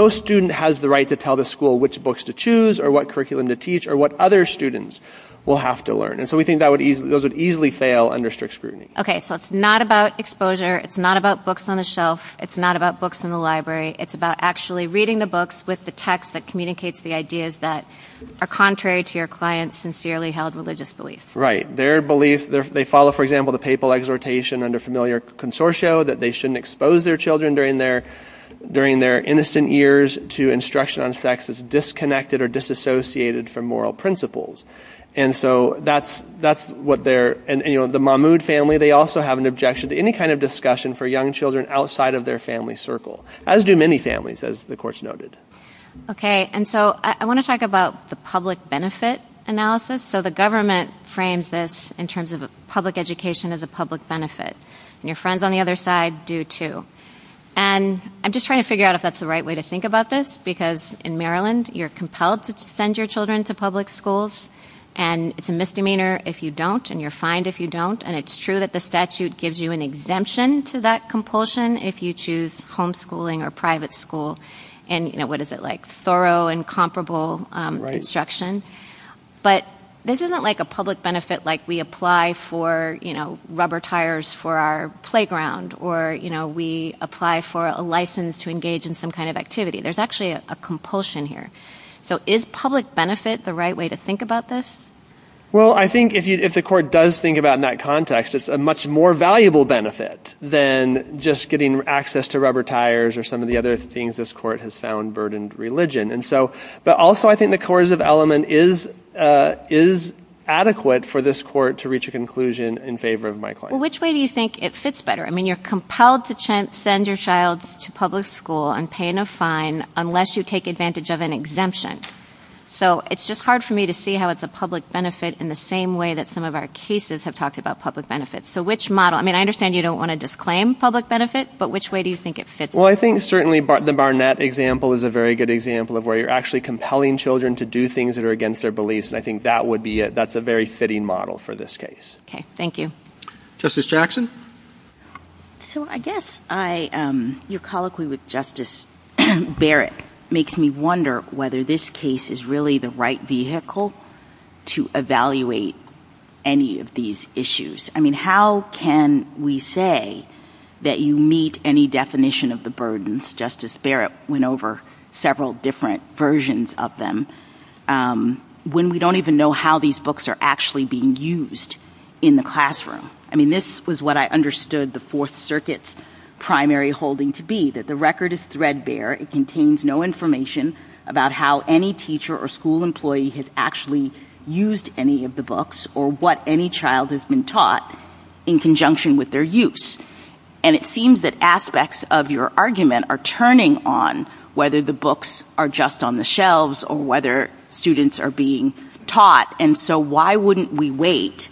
student has the right to tell the school which books to choose or what curriculum to teach or what other students will have to learn. And so we think those would easily fail under strict scrutiny. OK, so it's not about exposure. It's not about books on the shelf. It's not about books in the library. It's about actually reading the books with the text that communicates the ideas that are contrary to your client's sincerely held religious beliefs. Right. Their belief, they follow, for example, the papal exhortation under familiar consortia that they shouldn't expose their children during their innocent years to instruction on sex that's disconnected or disassociated from moral principles. And so that's what they're, and the Mahmood family, they also have an objection to any kind of discussion for young children outside of their family circle, as do many families, as the course noted. OK, and so I want to talk about the public benefit analysis. So the government frames this in terms of public education as a public benefit. And your friends on the other side do, too. And I'm just trying to figure out if that's the right way to think about this, because in Maryland, you're compelled to send your children to public schools. And it's a misdemeanor if you don't. And you're fined if you don't. And it's true that the statute gives you an exemption to that compulsion if you choose homeschooling or private school and, what is it, like thorough and comparable instruction. But this isn't like a public benefit like we apply for rubber tires for our playground, or we apply for a license to engage in some kind of activity. There's actually a compulsion here. So is public benefit the right way to think about this? Well, I think if the court does think about in that context, it's a much more valuable benefit than just getting access to rubber tires or some of the other things this court has found burdened religion. And so, but also, I think the coercive element is adequate for this court to reach a conclusion in favor of my claim. Well, which way do you think it fits better? I mean, you're compelled to send your child to public school and paying a fine unless you take advantage of an exemption. So it's just hard for me to see how it's a public benefit in the same way that some of our cases have talked about public benefits. So which model? I mean, I understand you don't want to disclaim public benefit, but which way do you think it fits? Well, I think certainly the Barnett example is a very good example of where you're actually compelling children to do things that are against their beliefs. And I think that would be, that's a very fitting model for this case. Okay. Thank you. Justice Jackson. So I guess I, your colloquy with Justice Barrett makes me wonder whether this case is really the right vehicle to evaluate any of these issues. How can we say that you meet any definition of the burdens, Justice Barrett went over several different versions of them, when we don't even know how these books are actually being used in the classroom. I mean, this was what I understood the Fourth Circuit's primary holding to be, that the record is threadbare. It contains no information about how any teacher or school employee has actually used any of the books or what any child has been taught in conjunction with their use. And it seems that aspects of your argument are turning on whether the books are just on the shelves or whether students are being taught. And so why wouldn't we wait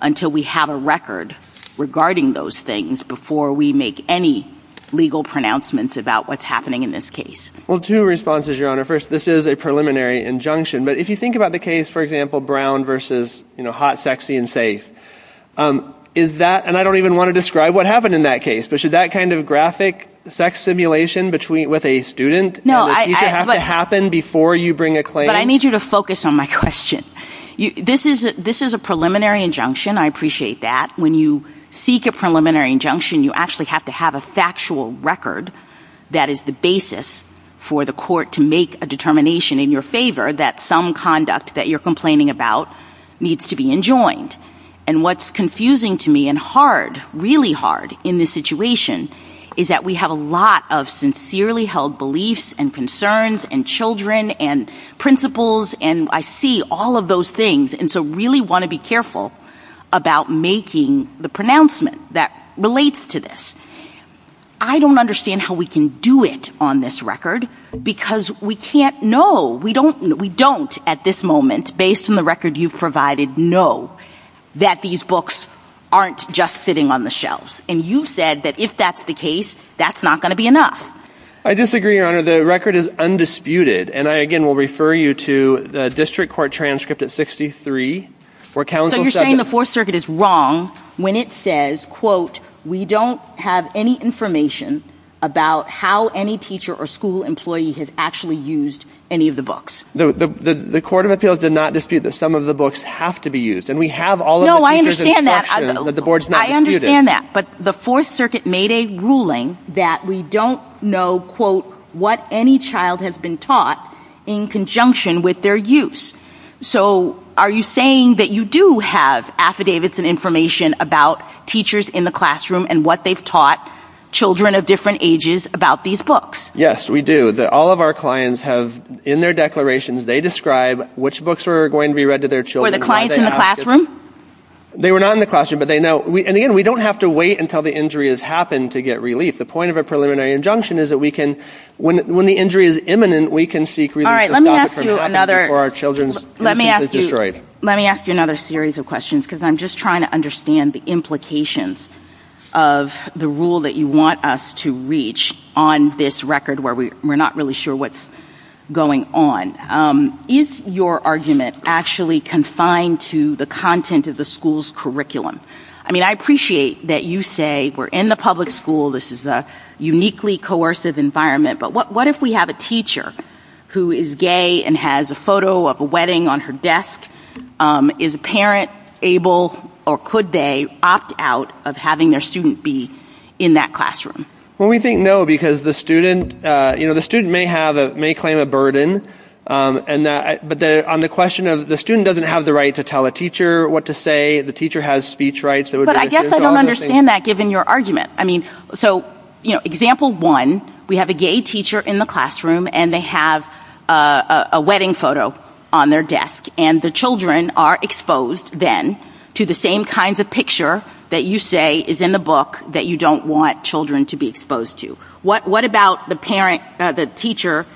until we have a record regarding those things before we make any legal pronouncements about what's happening in this case? Well, two responses, Your Honor. First, this is a preliminary injunction, but if you think about the case, for example, Brown versus, you know, Hot, Sexy, and Safe, is that, and I don't even want to describe what happened in that case, but should that kind of graphic sex simulation with a student as a teacher have to happen before you bring a claim? But I need you to focus on my question. This is a preliminary injunction. I appreciate that. When you seek a preliminary injunction, you actually have to have a factual record that is the basis for the court to make a determination in your favor that some conduct that you're complaining about needs to be enjoined. And what's confusing to me and hard, really hard in this situation is that we have a lot of sincerely held beliefs and concerns and children and principles, and I see all of those things. And so I really want to be careful about making the pronouncement that relates to this. I don't understand how we can do it on this record because we can't know. We don't at this moment, based on the record you've provided, know that these books aren't just sitting on the shelves. And you said that if that's the case, that's not going to be enough. I disagree, Your Honor. The record is undisputed. And I, again, will refer you to the district court transcript at 63, where counsel said- So you're saying the Fourth Circuit is wrong when it says, quote, we don't have any information about how any teacher or school employee has actually used any of the books? The Court of Appeals did not dispute that some of the books have to be used. And we have all of the- No, I understand that. I understand that. But the Fourth Circuit made a ruling that we don't know, quote, what any child has been taught in conjunction with their use. So are you saying that you do have affidavits and information about teachers in the classroom and what they've taught children of different ages about these books? Yes, we do. That all of our clients have, in their declarations, they describe which books are going to be read to their children- Were the clients in the classroom? They were not in the classroom, but they know. And again, we don't have to wait until the injury has happened to get relief. The point of a preliminary injunction is that we can, when the injury is imminent, we can seek relief- All right, let me ask you another- Or our children's- Let me ask you another series of questions, because I'm just trying to understand the implications of the rule that you want us to reach on this record where we're not really sure what's going on. Is your argument actually confined to the content of the school's I mean, I appreciate that you say we're in the public school. This is a uniquely coercive environment. But what if we have a teacher who is gay and has a photo of a wedding on her desk? Is a parent able or could they opt out of having their student be in that classroom? Well, we think no, because the student may claim a burden. But on the question of the student doesn't have the right to tell a teacher what to say, the teacher has speech rights- But I guess I don't understand that, given your argument. I mean, so example one, we have a gay teacher in the classroom and they have a wedding photo on their desk. And the children are exposed, then, to the same kinds of picture that you say is in the book that you don't want children to be exposed to. What about the teacher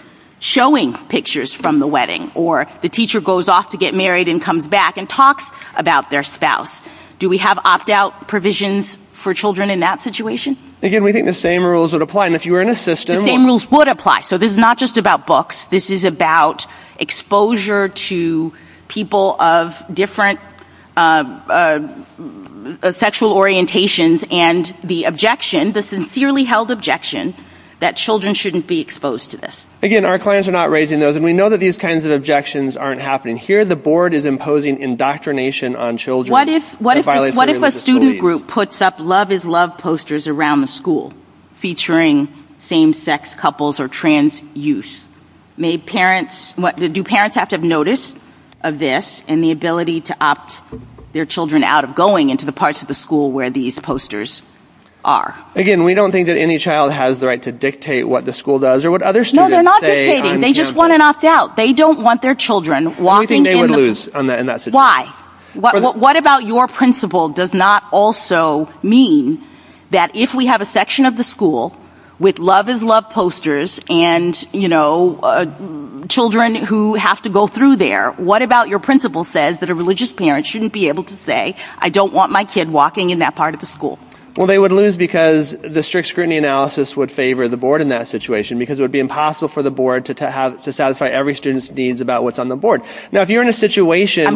showing pictures from the wedding or the teacher goes off to get married and comes back and talks about their spouse? Do we have opt out provisions for children in that situation? Again, we think the same rules would apply. And if you were in a system- The same rules would apply. So this is not just about books. This is about exposure to people of different sexual orientations and the objection, the sincerely held objection, that children shouldn't be exposed to this. Again, our clients are not raising those. And we know that these kinds of objections aren't happening. Here, the board is imposing indoctrination on children. What if a student group puts up love is love posters around the school featuring same-sex couples or trans youth? Do parents have to notice of this and the ability to opt their children out of going into the parts of the school where these posters are? Again, we don't think that any child has the right to dictate what the school does or what other students say- No, they're not dictating. They just want to opt out. They don't want their children walking in- We think they would lose in that situation. Why? What about your principle does not also mean that if we have a section of the school with love is love posters and children who have to go through there, what about your principle says that a religious parent shouldn't be able to say, I don't want my kid walking in that part of the school? Well, they would lose because the strict scrutiny analysis would favor the board in that situation because it would be impossible for the board to satisfy every student's needs about what's on the board. Now, if you're in a situation-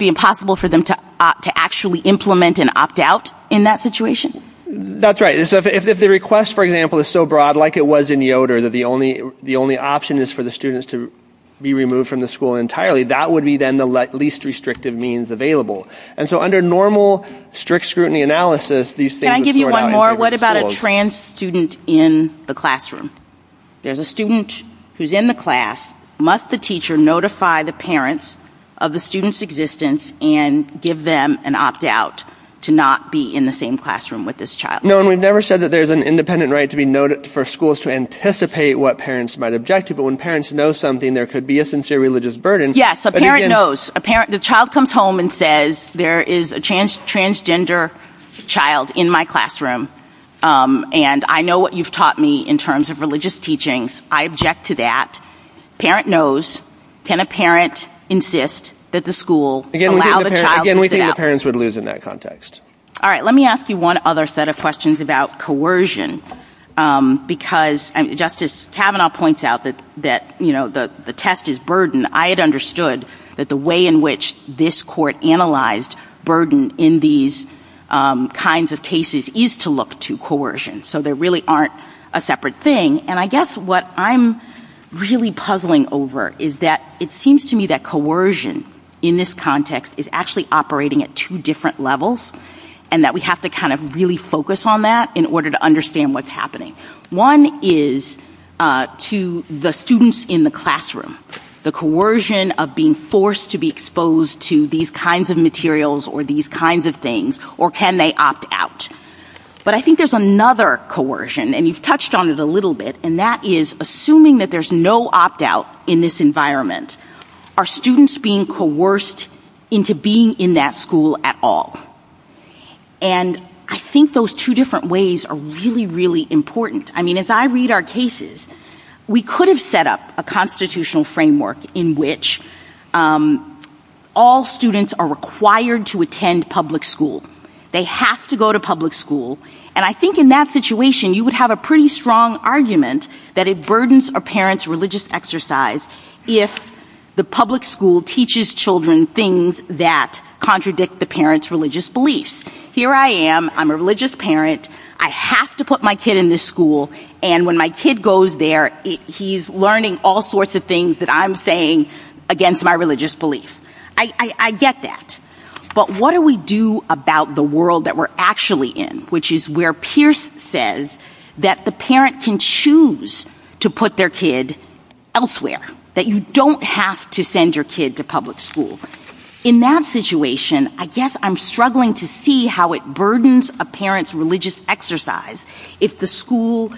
Impossible for them to actually implement and opt out in that situation? That's right. If the request, for example, is so broad, like it was in Yoder, that the only option is for the students to be removed from the school entirely, that would be then the least restrictive means available. So under normal strict scrutiny analysis, these things- Can I give you one more? What about a trans student in the classroom? There's a student who's in the class. Must the teacher notify the parents of the student's existence and give them an opt out to not be in the same classroom with this child? No, and we've never said that there's an independent right to be noted for schools to anticipate what parents might object to, but when parents know something, there could be a sincere religious burden. Yes, a parent knows. The child comes home and says, there is a transgender child in my classroom, and I know what you've taught me in terms of religious teachings. I object to that. Parent knows. Can a parent insist that the school allow the child- Again, we think the parents would lose in that context. All right, let me ask you one other set of questions about coercion, because Justice Kavanaugh points out that the test is burden. I had understood that the way in which this court analyzed burden in these kinds of cases is to look to coercion. There really aren't a separate thing, and I guess what I'm really puzzling over is that it seems to me that coercion in this context is actually operating at two different levels, and that we have to really focus on that in order to understand what's happening. One is to the students in the classroom, the coercion of being forced to be exposed to these kinds of materials or these kinds of things, or can they opt out? But I think there's another coercion, and you've touched on it a little bit, and that is assuming that there's no opt-out in this environment, are students being coerced into being in that school at all? And I think those two different ways are really, really important. I mean, as I read our cases, we could have set up a constitutional framework in which all students are required to attend public school. They have to go to public school, and I think in that situation, you would have a pretty strong argument that it burdens a parent's religious exercise if the public school teaches children things that contradict the parent's religious beliefs. Here I am, I'm a religious parent, I have to put my kid in this school, and when my kid goes there, he's learning all sorts of things that I'm saying against my religious belief. I get that. But what do we do about the world that we're actually in, which is where Pierce says that the parent can choose to put their kid elsewhere, that you don't have to send your kid to public school? In that situation, I guess I'm struggling to see how it burdens a parent's religious exercise if the school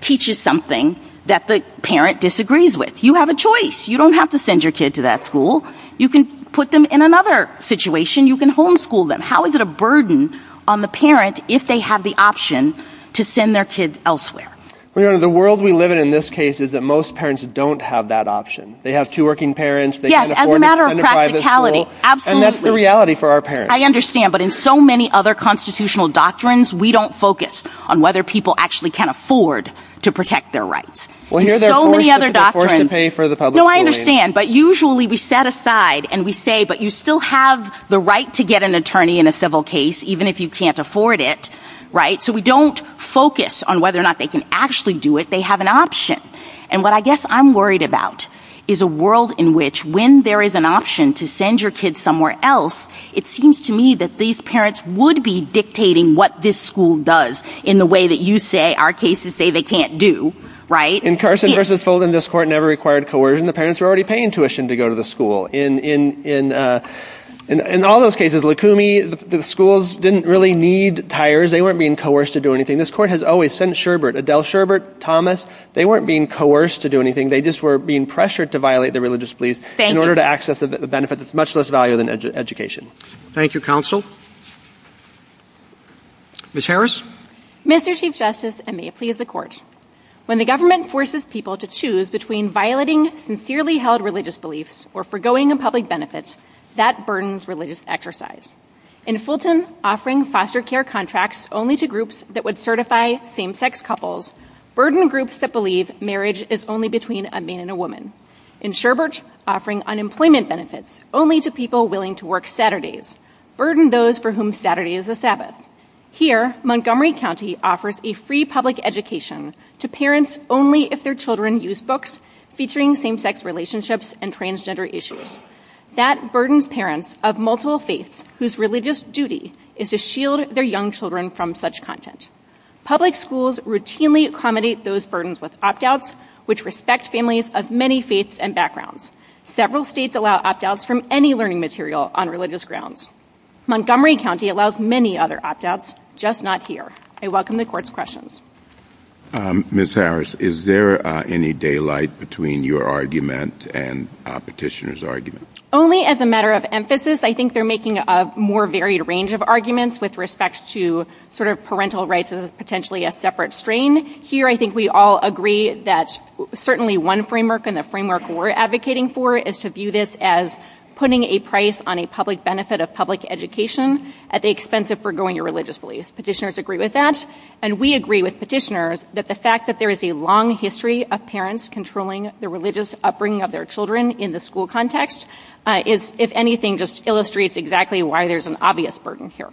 teaches something that the parent disagrees with. You have a choice. You don't have to send your kid to that school. You can put them in another situation. You can homeschool them. How is it a burden on the parent if they have the option to send their kid elsewhere? Well, Your Honor, the world we live in in this case is that most parents don't have that option. They have two working parents. Yes, as a matter of practicality. Absolutely. And that's the reality for our parents. I understand, but in so many other constitutional doctrines, we don't focus on whether people actually can afford to protect their rights. Well, here there are so many other doctrines. There are so many other doctrines to pay for the public school. I understand, but usually we set aside and we say, but you still have the right to get an attorney in a civil case, even if you can't afford it, right? So we don't focus on whether or not they can actually do it. They have an option. And what I guess I'm worried about is a world in which when there is an option to send your kid somewhere else, it seems to me that these parents would be dictating what this school does in the way that you say our cases say they can't do, right? In Carson v. Folden, this court never required coercion. The parents were already paying tuition to go to the school. In all those cases, Lacumi, the schools didn't really need tires. They weren't being coerced to do anything. This court has always sent Sherbert, Adele Sherbert, Thomas. They weren't being coerced to do anything. They just were being pressured to violate the religious beliefs in order to access the benefit that's much less value than education. Thank you, counsel. Ms. Harris. Mr. Chief Justice, and may it please the court. When the government forces people to choose between violating sincerely held religious beliefs or forgoing a public benefit, that burdens religious exercise. In Fulton, offering foster care contracts only to groups that would certify same-sex couples burden groups that believe marriage is only between a man and a woman. In Sherbert, offering unemployment benefits only to people willing to work Saturdays burden those for whom Saturday is a Sabbath. Here, Montgomery County offers a free public education to parents only if their children use books featuring same-sex relationships and transgender issues. That burdens parents of multiple faiths whose religious duty is to shield their young children from such content. Public schools routinely accommodate those burdens with opt-outs, which respect families of many faiths and backgrounds. Several states allow opt-outs from any learning material on religious grounds. Montgomery County allows many other opt-outs, just not here. I welcome the court's questions. Ms. Harris, is there any daylight between your argument and petitioner's argument? Only as a matter of emphasis. I think they're making a more varied range of arguments with respect to sort of parental rights as potentially a separate strain. Here, I think we all agree that certainly one framework and the framework we're advocating for is to view this as putting a price on a public benefit of public education at the expense of forgoing a religious belief. Petitioners agree with that. And we agree with petitioners that the fact that there is a long history of parents controlling the religious upbringing of their children in the school context is, if anything, just illustrates exactly why there's an obvious burden here.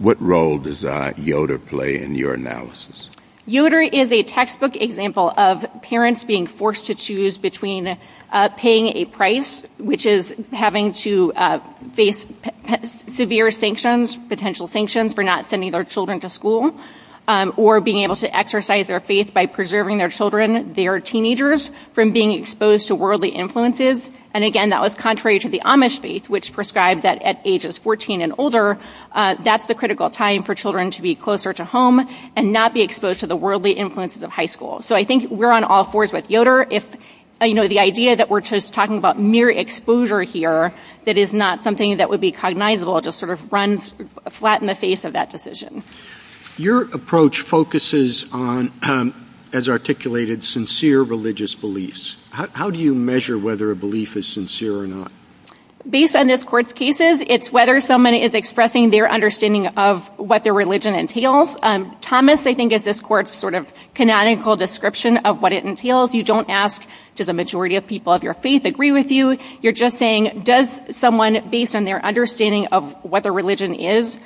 What role does Yoder play in your analysis? Yoder is a textbook example of parents being forced to choose between paying a price, which is having to face severe sanctions, potential sanctions, for not sending their children to school, or being able to exercise their faith by preserving their children, their teenagers, from being exposed to worldly influences. And again, that was contrary to the Amish faith, which prescribed that at ages 14 and older, that's the critical time for children to be closer to home and not be exposed to the worldly influences of high school. So I think we're on all fours with Yoder. If, you know, the idea that we're just talking about mere exposure here, that is not something that would be cognizable to sort of run flat in the face of that decision. Your approach focuses on, as articulated, sincere religious beliefs. How do you measure whether a belief is sincere or not? Based on this court's cases, it's whether someone is expressing their understanding of what their religion entails. Thomas, I think, is this court's sort of canonical description of what it entails. You don't ask, does the majority of people of your faith agree with you? You're just saying, does someone, based on their understanding of what their religion is,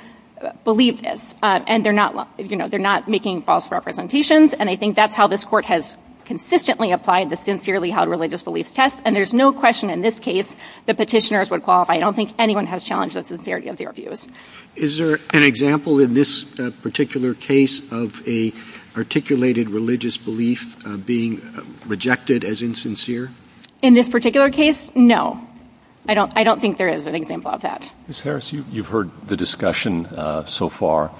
believe this? And they're not, you know, they're not making false representations. And I think that's how this court has consistently applied the Sincerely Held Religious Beliefs test. And there's no question in this case that petitioners would qualify. I don't think anyone has challenged the sincerity of their views. Is there an example in this particular case of a articulated religious belief being rejected as insincere? In this particular case, no. I don't think there is an example of that. Ms. Harris, you've heard the discussion so far,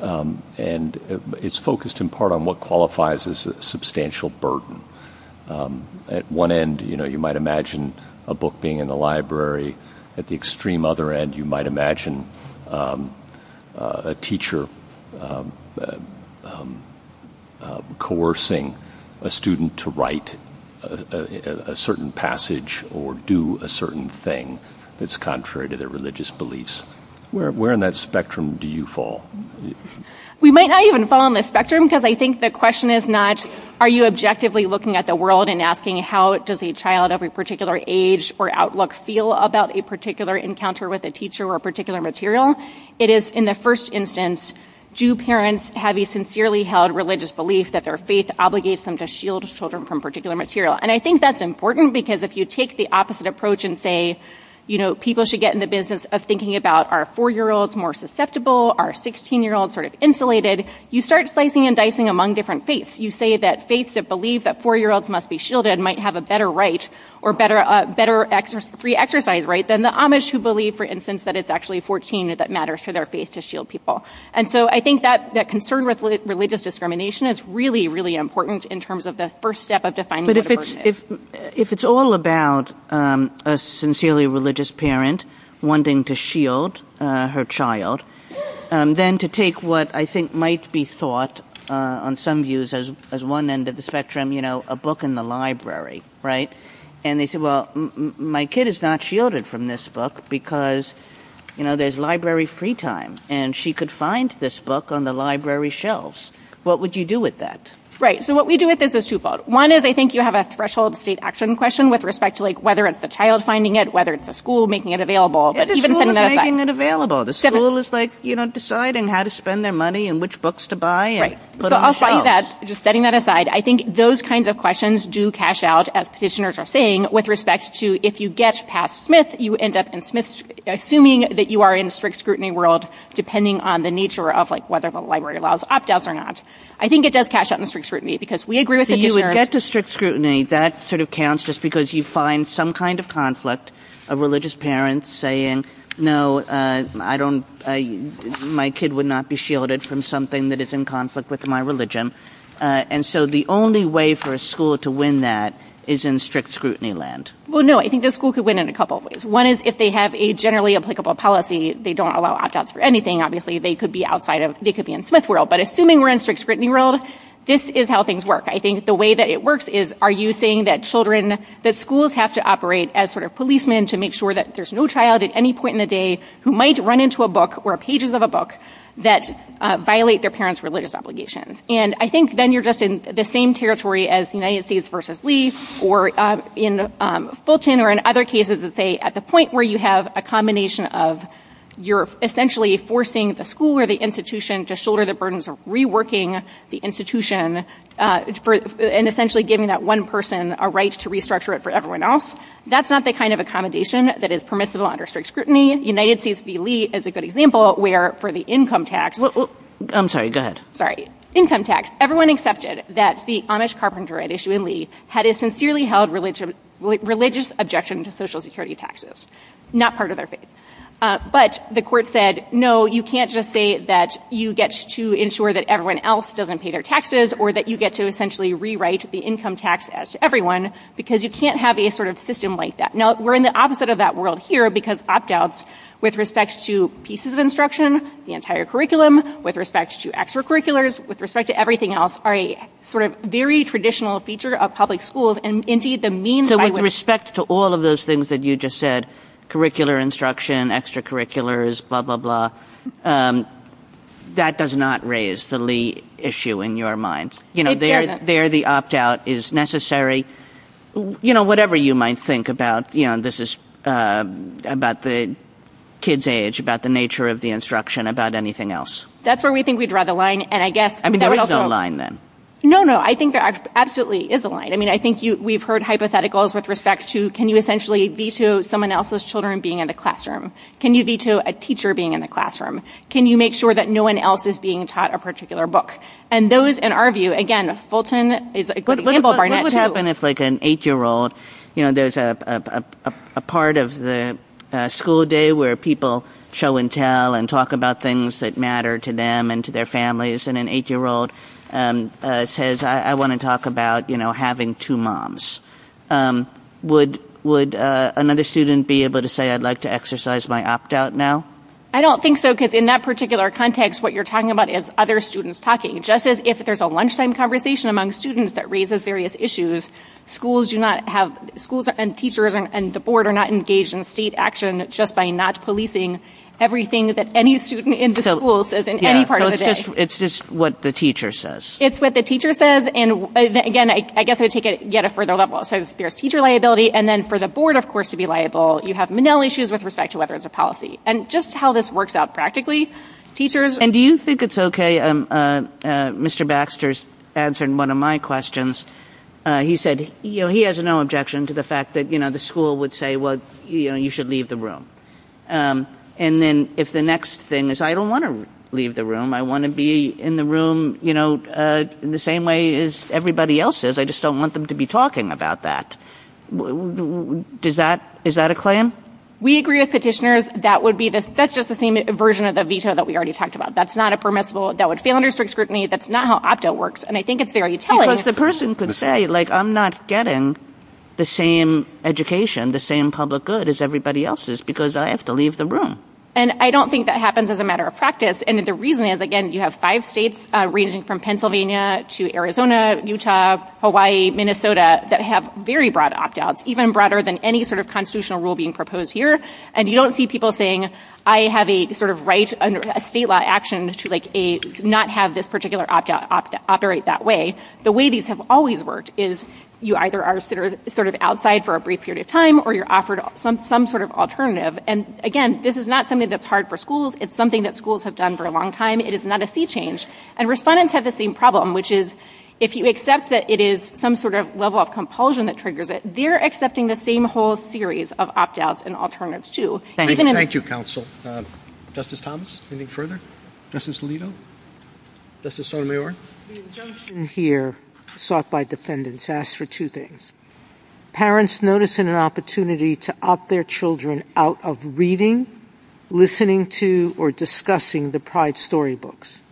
and it's focused in part on what qualifies as a substantial burden. At one end, you know, you might imagine a book being in a library. At the extreme other end, you might imagine a teacher coercing a student to write a certain passage or do a certain thing that's contrary to their religious beliefs. Where in that spectrum do you fall? We might not even fall on the spectrum, because I think the question is not, are you objectively looking at the world and asking how does a child of a particular age or outlook feel about a particular encounter with a teacher or a particular material? It is, in the first instance, do parents have a Sincerely Held Religious Belief that their faith obligates them to shield children from particular material? And I think that's important, because if you take the opposite approach and say, you know, people should get in the business of thinking about, are four-year-olds more susceptible? Are 16-year-olds sort of insulated? You start slicing and dicing among different faiths. You say that faiths that believe that four-year-olds must be shielded might have a better right or better free exercise right than the Amish who believe, for instance, that it's actually 14 that matters for their faith to shield people. And so I think that concern with religious discrimination is really, really important in terms of the first step of defining the divergent. But if it's all about a Sincerely Religious Parent wanting to shield her child, then to might be thought, on some views, as one end of the spectrum, you know, a book in the library, right? And they say, well, my kid is not shielded from this book because, you know, there's library free time, and she could find this book on the library shelves. What would you do with that? Right. So what we do with this is twofold. One is I think you have a threshold state action question with respect to like whether it's the child finding it, whether it's the school making it available. The school making it available. The school is like, you know, deciding how to spend their money and which books to buy. But I'll tell you that, just setting that aside, I think those kinds of questions do cash out, as petitioners are saying, with respect to if you get past Smith, you end up in Smith, assuming that you are in strict scrutiny world, depending on the nature of like whether the library allows opt outs or not. I think it does cash out in strict scrutiny, because we agree with it. If you would get to strict scrutiny, that sort of counts just because you find some kind of conflict of religious parents saying, no, I don't. My kid would not be shielded from something that is in conflict with my religion. And so the only way for a school to win that is in strict scrutiny land. Well, no, I think the school could win in a couple of ways. One is if they have a generally applicable policy, they don't allow opt outs for anything. Obviously, they could be outside of they could be in Smith world. But assuming we're in strict scrutiny world, this is how things work. I think the way that it works is are you saying that children that schools have to operate as sort of policemen to make sure that there's no child at any point in the day who might run into a book or pages of a book that violate their parents' religious obligations. And I think then you're just in the same territory as the United States versus Lee or in Fulton or in other cases that say at the point where you have a combination of you're essentially forcing the school or the institution to shoulder the burdens of reworking the institution and essentially giving that one person a right to restructure it for everyone else. That's not the kind of accommodation that is permissible under strict scrutiny. United States v. Lee is a good example where for the income tax. I'm sorry. Go ahead. Sorry. Income tax. Everyone accepted that the Amish carpenter at issue in Lee had a sincerely held religion religious objection to Social Security taxes, not part of their faith. But the court said, no, you can't just say that you get to ensure that everyone else doesn't pay their taxes or that you get to essentially rewrite the income tax to everyone because you can't have a sort of system like that. Now, we're in the opposite of that world here because opt outs with respect to pieces of instruction, the entire curriculum, with respect to extracurriculars, with respect to everything else, are a sort of very traditional feature of public schools. And indeed, the means with respect to all of those things that you just said, curricular instruction, extracurriculars, blah, blah, blah. That does not raise the Lee issue in your mind. You know, there the opt out is necessary. You know, whatever you might think about, you know, this is about the kids age, about the nature of the instruction, about anything else. That's where we think we draw the line. And I guess I mean, there is a line then. No, no, I think that absolutely is a line. I mean, I think we've heard hypotheticals with respect to can you essentially veto someone else's children being in the classroom? Can you veto a teacher being in the classroom? Can you make sure that no one else is being taught a particular book? And those, in our view, again, Fulton is a good example. What would happen if like an eight-year-old, you know, there's a part of the school day where people show and tell and talk about things that matter to them and to their families. And an eight-year-old says, I want to talk about, you know, having two moms. Would another student be able to say, I'd like to exercise my opt-out now? I don't think so. Because in that particular context, what you're talking about is other students talking. Just as if there's a lunchtime conversation among students that raises various issues, schools do not have, schools and teachers and the board are not engaged in state action just by not policing everything that any student in the school says in any part of the day. It's just what the teacher says. It's what the teacher says. And again, I guess I would take it yet a further level. So there's teacher liability. And then for the board, of course, to be liable, you have manila issues with respect to whether it's a policy. And just how this works out practically, teachers... And do you think it's okay, Mr. Baxter's answered one of my questions. He said, you know, he has no objection to the fact that, you know, the school would say, well, you know, you should leave the room. And then if the next thing is, I don't want to leave the room. I want to be in the room, you know, in the same way as everybody else is. I just don't want them to be talking about that. Does that, is that a claim? We agree with petitioners. That would be the, that's just the same version of the veto that we already talked about. That's not a permissible, that would fail under strict scrutiny. That's not how opt-out works. And I think it's very telling. Because the person could say, like, I'm not getting the same education, the same public good as everybody else's because I have to leave the room. And I don't think that happens as a matter of practice. And the reason is, again, you have five states ranging from Pennsylvania to Arizona, Utah, Hawaii, Minnesota, that have very broad opt-outs, even broader than any sort of constitutional rule being proposed here. And you don't see people saying, I have a sort of right under a state law action to like a, not have this particular opt-out operate that way. The way these have always worked is you either are sort of outside for a brief period of time, or you're offered some sort of alternative. And again, this is not something that's hard for schools. It's something that schools have done for a long time. It is not a sea change. And respondents have the same problem, which is, if you accept that it is some sort of level of compulsion that triggers it, they're accepting the same whole series of opt-outs and alternatives too. Thank you, counsel. Justice Thomas, any further? Justice Alito? Justice Sotomayor? Here, sought by defendants, asked for two things. Parents noticing an opportunity to opt their children out of reading, listening to, or discussing the Pride storybooks.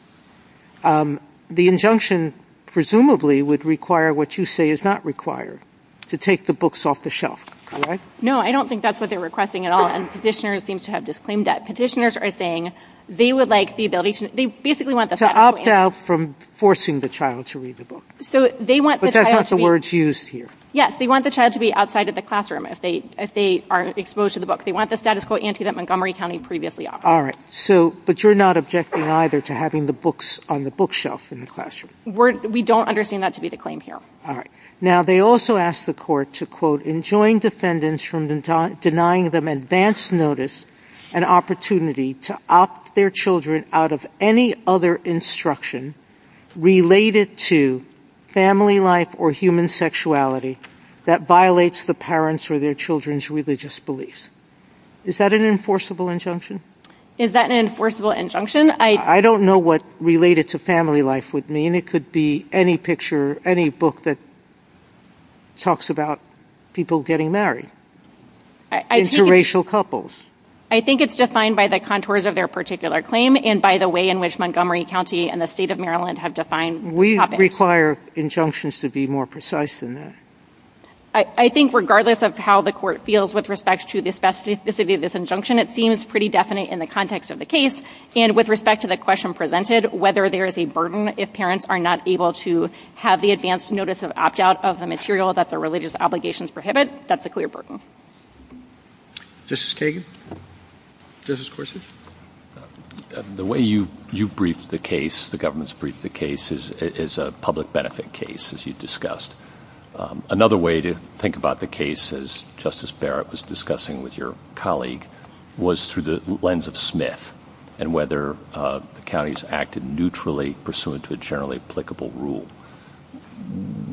The injunction presumably would require what you say is not required, to take the books off the shelf, correct? No, I don't think that's what they're requesting at all. And petitioners seem to have disclaimed that. Petitioners are saying they would like the ability to, they basically want the- To opt out from forcing the child to read the book. So they want- Because that's the words used here. Yes, they want the child to be outside of the classroom if they are exposed to the book. They want the status quo ante that Montgomery County previously offered. All right. So, but you're not objecting either to having the books on the bookshelf in the classroom? We don't understand that to be the claim here. All right. Now, they also asked the court to, quote, enjoin defendants from denying them advanced notice and opportunity to opt their children out of any other instruction related to family life or human sexuality that violates the parents or their children's religious beliefs. Is that an enforceable injunction? Is that an enforceable injunction? I don't know what related to family life would mean. It could be any picture, any book that talks about people getting married, interracial couples. I think it's defined by the contours of their particular claim and by the way in which Montgomery County and the state of Maryland have defined topics. We require injunctions to be more precise than that. I think regardless of how the court feels with respect to the specificity of this injunction, it seems pretty definite in the context of the case. And with respect to the question presented, whether there is a burden if parents are not able to have the advanced notice of opt out of the material that the religious obligations prohibit, that's a clear burden. Justice Kagan? Justice Gorsuch? The way you briefed the case, the government's briefed the case, is a public benefit case, as you discussed. Another way to think about the case, as Justice Barrett was discussing with your colleague, was through the lens of Smith and whether the county's acted neutrally pursuant to a generally applicable rule.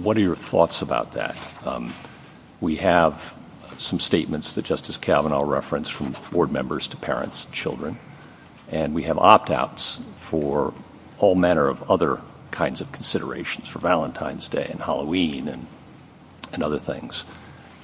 What are your thoughts about that? We have some statements that Justice Kavanaugh referenced from board members to parents and children, and we have opt outs for all manner of other kinds of considerations for Valentine's Day and Halloween and other things.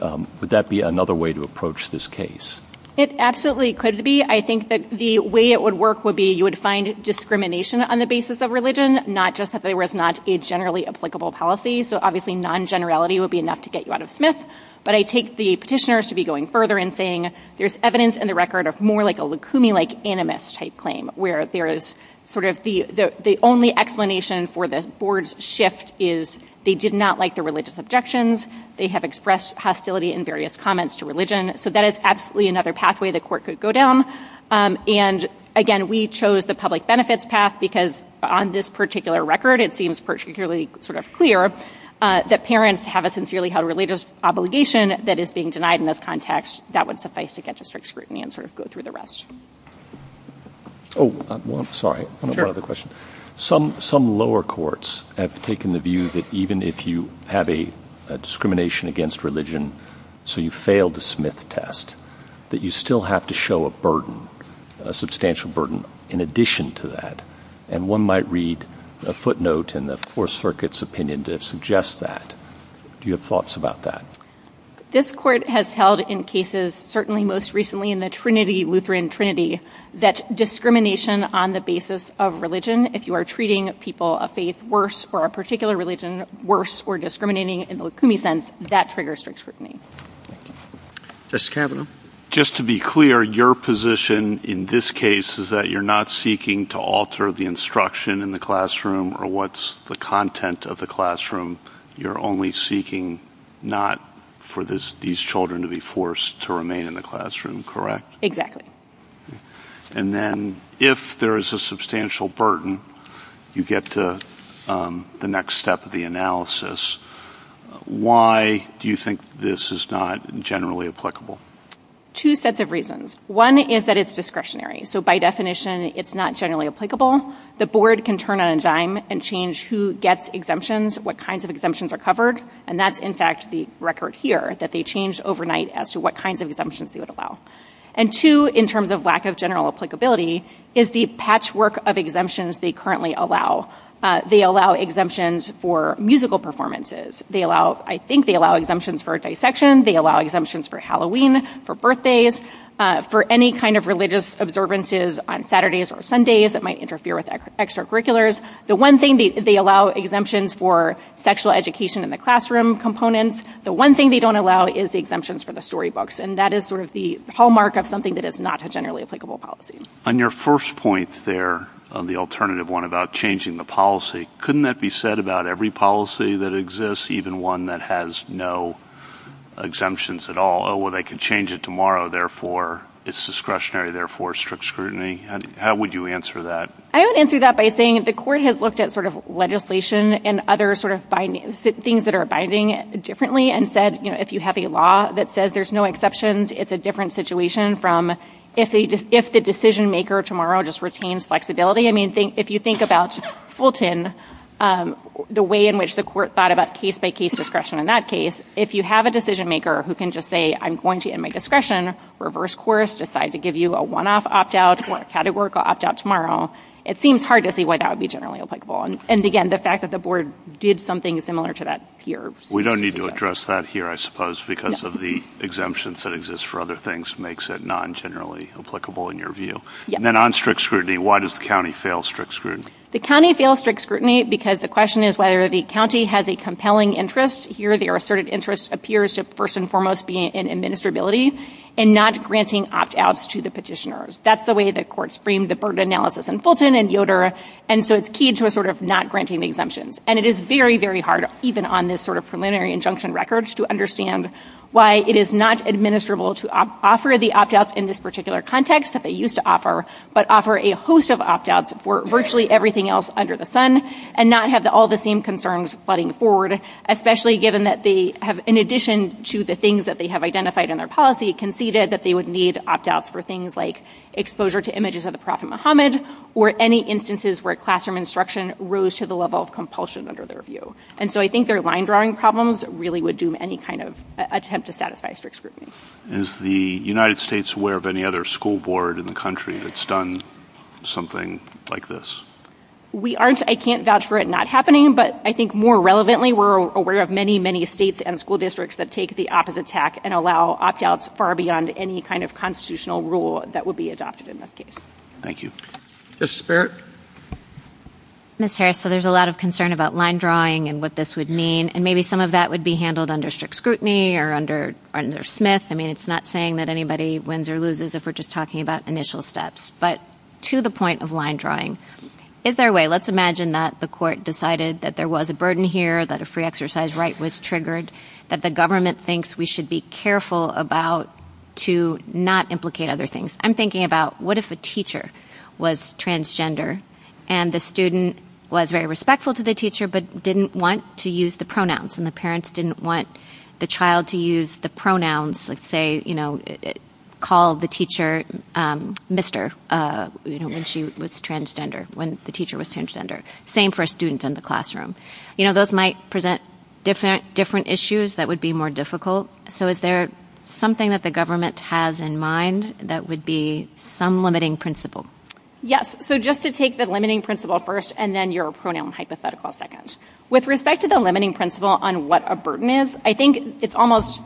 Would that be another way to approach this case? It absolutely could be. I think that the way it would work would be you would find discrimination on the basis of religion, not just that there was not a generally applicable policy. So obviously, non-generality would be enough to get you out of Smith. But I take the petitioners to be going further and saying, there's evidence in the record of more like a Lacunae-like animus type claim, where there is sort of the only explanation for the board's shift is they did not like the religious objections. They have expressed hostility in various comments to religion. So that is absolutely another pathway the court could go down. And again, we chose the public benefits path because on this particular record, it seems particularly sort of clear that parents have a sincerely held religious obligation that is being denied in this context. That would suffice to get to strict scrutiny and sort of go through the rest. Oh, sorry. I have another question. Some lower courts have taken the view that even if you have a discrimination against religion, so you failed the Smith test, that you still have to show a burden, a substantial burden in addition to that. And one might read a footnote in the Fourth Circuit's opinion that suggests that. Do you have thoughts about that? This court has held in cases, certainly most recently, in the Trinity, Lutheran Trinity that discrimination on the basis of religion, if you are treating people of faith worse for a particular religion, worse for discriminating in the Lukumi sense, that triggers strict scrutiny. Justice Kavanaugh. Just to be clear, your position in this case is that you're not seeking to alter the instruction in the classroom or what's the content of the classroom. You're only seeking not for these children to be forced to remain in the classroom, correct? Exactly. And then if there is a substantial burden, you get to the next step of the analysis. Why do you think this is not generally applicable? Two sets of reasons. One is that it's discretionary. So by definition, it's not generally applicable. The board can turn on a dime and change who gets exemptions, what kinds of exemptions are covered. And that's, in fact, the record here, that they change overnight as to what kinds of exemptions they would allow. And two, in terms of lack of general applicability, is the patchwork of exemptions they currently allow. They allow exemptions for musical performances. They allow, I think they allow exemptions for dissection. They allow exemptions for Halloween, for birthdays, for any kind of religious observances on Saturdays or Sundays that might interfere with extracurriculars. The one thing, they allow exemptions for sexual education in the classroom components. The one thing they don't allow is the exemptions for the storybooks. And that is sort of the hallmark of something that is not a generally applicable policy. On your first point there, the alternative one about changing the policy, couldn't that be said about every policy that exists, even one that has no exemptions at all? Oh, well, they could change it tomorrow. Therefore, it's discretionary. Therefore, strict scrutiny. How would you answer that? I would answer that by saying the court has looked at sort of legislation and other sort of things that are abiding differently and said, you know, if you have a law that says there's no exceptions, it's a different situation from if the decision-maker tomorrow just retains flexibility. I mean, if you think about Fulton, the way in which the court thought about case-by-case discretion in that case, if you have a decision-maker who can just say, I'm going to end my discretion, reverse course, decide to give you a one-off opt-out or a categorical opt-out tomorrow, it seems hard to see why that would be generally applicable. And again, the fact that the board did something similar to that here. We don't need to address that here, I suppose, because of the exemptions that exist for other things makes it non-generally applicable in your view. And then on strict scrutiny, why does the county fail strict scrutiny? The county fails strict scrutiny because the question is whether the county has a compelling interest. Here, their asserted interest appears to first and foremost be in administrability and not granting opt-outs to the petitioners. That's the way the court's framed the burden analysis in Fulton and Yoder. And so it's key to a sort of not granting the exemptions. And it is very, very hard, even on this sort of preliminary injunction records, to understand why it is not administrable to offer the opt-outs in this particular context that they used to offer, but offer a host of opt-outs for virtually everything else under the sun and not have all the same concerns flooding forward, especially given that they have, in addition to the things that they have identified in their policy, conceded that they would need opt-outs for things like exposure to images of the Prophet Muhammad or any instances where classroom instruction rose to the level of compulsion under their view. And so I think their line drawing problems really would do any kind of attempt to satisfy strict scrutiny. Is the United States aware of any other school board in the country that's done something like this? We aren't. I can't vouch for it not happening. But I think more relevantly, we're aware of many, many states and school districts that take the opposite tack and allow opt-outs far beyond any kind of constitutional rule that would be adopted in this case. Thank you. Ms. Spirit? Ms. Harris, so there's a lot of concern about line drawing and what this would mean. And maybe some of that would be handled under strict scrutiny or under Smith. I mean, it's not saying that anybody wins or loses if we're just talking about initial steps. But to the point of line drawing, is there a way? Let's imagine that the court decided that there was a burden here, that a free exercise right was triggered, that the government thinks we should be careful about to not implicate other things. I'm thinking about what if a teacher was transgender and the student was very respectful to the teacher but didn't want to use the pronouns and the parents didn't want the child to use the pronouns, let's say, you know, call the teacher Mr. when she was transgender, when the teacher was transgender. Same for students in the classroom. You know, those might present different issues that would be more difficult. So is there something that the government has in mind that would be some limiting principle? Yes. So just to take the limiting principle first and then your pronoun hypothetical second. With respect to the limiting principle on what a burden is, I think it's almost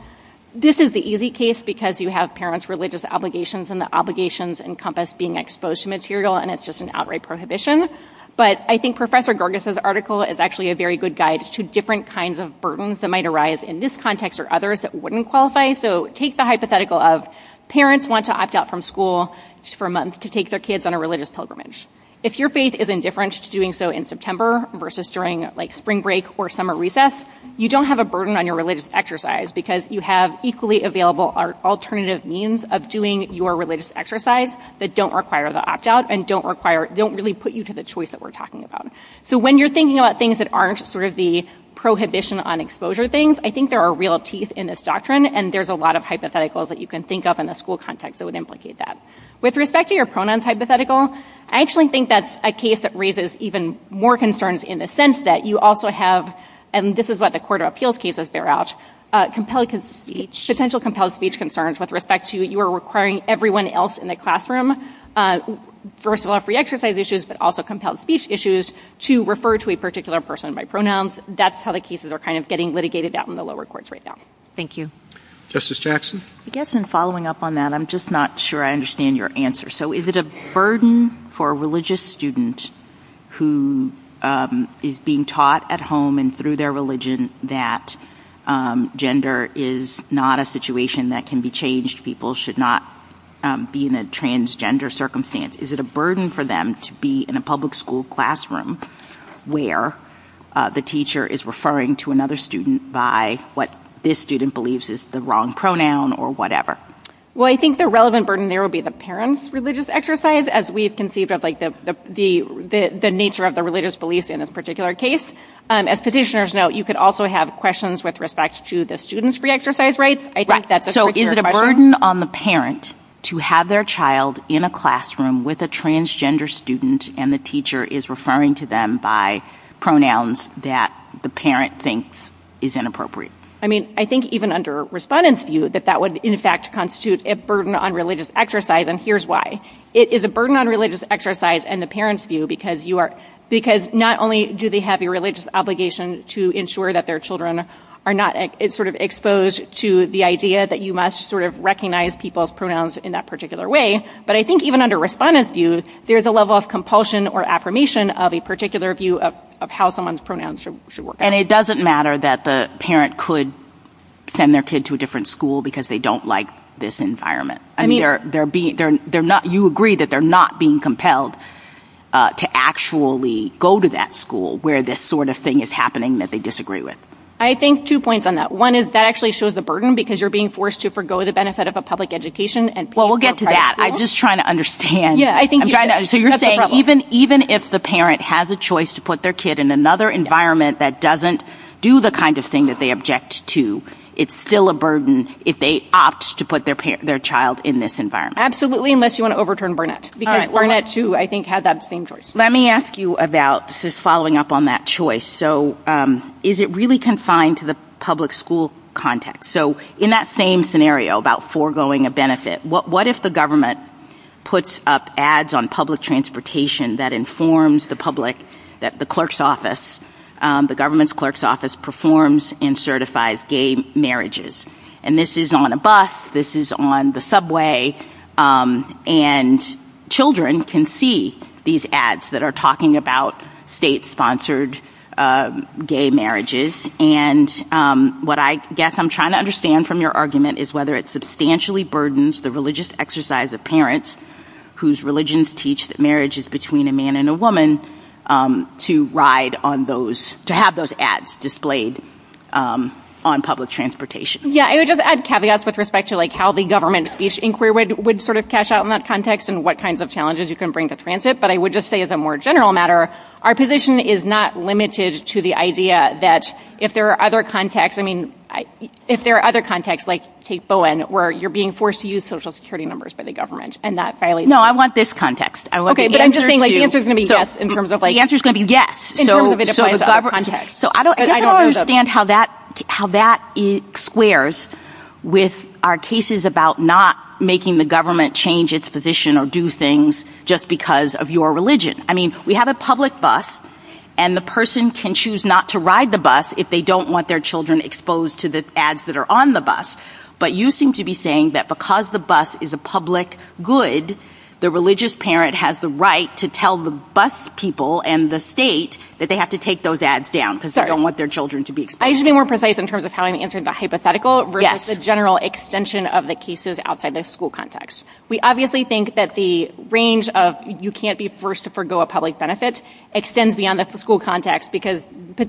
this is the easy case because you have parents' religious obligations and the obligations encompass being exposed to material and it's just an outright prohibition. But I think Professor Gerges' article is actually a very good guide to different kinds of burdens that might arise in this context or others that wouldn't qualify. So take the hypothetical of parents want to opt out from school for a month to take their kids on a religious pilgrimage. If your faith is indifferent to doing so in September versus during like spring break or summer recess, you don't have a burden on your religious exercise because you have equally available alternative means of doing your religious exercise that don't require the opt out and don't really put you to the choice that we're talking about. So when you're thinking about things that aren't sort of the prohibition on exposure things, I think there are real teeth in this doctrine and there's a lot of hypotheticals that you can think of in the school context that would implicate that. With respect to your pronoun hypothetical, I actually think that's a case that raises even more concerns in the sense that you also have, and this is what the court of appeals cases bear out, potential compelled speech concerns with respect to you are requiring everyone else in the classroom, first of all, free exercise issues but also compelled speech issues to refer to a particular person by pronouns. That's how the cases are kind of getting litigated out in the lower courts right now. Thank you. Justice Jackson? I guess in following up on that, I'm just not sure I understand your answer. So is it a burden for a religious student who is being taught at home and through their religion that gender is not a situation that can be changed? People should not be in a transgender circumstance. Is it a burden for them to be in a public school classroom where the teacher is referring to another student by what this student believes is the wrong pronoun or whatever? Well, I think the relevant burden there would be the parent's religious exercise as we've conceived of the nature of the religious beliefs in this particular case. As petitioners know, you could also have questions with respect to the student's free exercise rights. I think that's a particular question. Is it a burden on the parent to have their child in a classroom with a transgender student and the teacher is referring to them by pronouns that the parent thinks is inappropriate? I mean, I think even under respondents view that that would in fact constitute a burden on religious exercise and here's why. It is a burden on religious exercise and the parent's view because not only do they have a religious obligation to ensure that their children are not sort of exposed to the idea that you must sort of recognize people's pronouns in that particular way, but I think even under respondents view, there's a level of compulsion or affirmation of a particular view of how someone's pronouns should work. And it doesn't matter that the parent could send their kid to a different school because they don't like this environment. I mean, you agree that they're not being compelled to actually go to that school where this sort of thing is happening that they disagree with. I think two points on that. One is that actually shows the burden because you're being forced to forgo the benefit of a public education. Well, we'll get to that. I'm just trying to understand. So you're saying even if the parent has a choice to put their kid in another environment that doesn't do the kind of thing that they object to, it's still a burden if they opt to put their child in this environment? Absolutely, unless you want to overturn Burnett because Burnett, too, I think had that same choice. Let me ask you about just following up on that choice. So is it really confined to the public school context? So in that same scenario about foregoing a benefit, what if the government puts up ads on public transportation that informs the public that the clerk's office, the government's clerk's office performs and certifies gay marriages? And this is on a bus. This is on the subway. And children can see these ads that are talking about state-sponsored gay marriages. And what I guess I'm trying to understand from your argument is whether it substantially burdens the religious exercise of parents whose religions teach that marriage is between a man and a woman to ride on those, to have those ads displayed on public transportation. Yeah, I would just add caveats with respect to how the government speech inquiry would sort of cash out in that context and what kinds of challenges you can bring to transit. But I would just say as a more general matter, our position is not limited to the idea that if there are other contexts, I mean, if there are other contexts, like take Bowen, where you're being forced to use Social Security numbers by the government and that violates No, I want this context. Okay, the answer is going to be yes in terms of the context. So I don't understand how that squares with our cases about not making the government change its position or do things just because of your religion. I mean, we have a public bus and the person can choose not to ride the bus if they don't want their children exposed to the ads that are on the bus. But you seem to be saying that because the bus is a public good, the religious parent has the right to tell the bus people and the state that they have to take those ads down because they don't want their children to be exposed. I should be more precise in terms of how I'm answering the hypothetical versus the general extension of the cases outside the school context. We obviously think that the range of you can't be forced to forgo a public benefit extends beyond the school context because the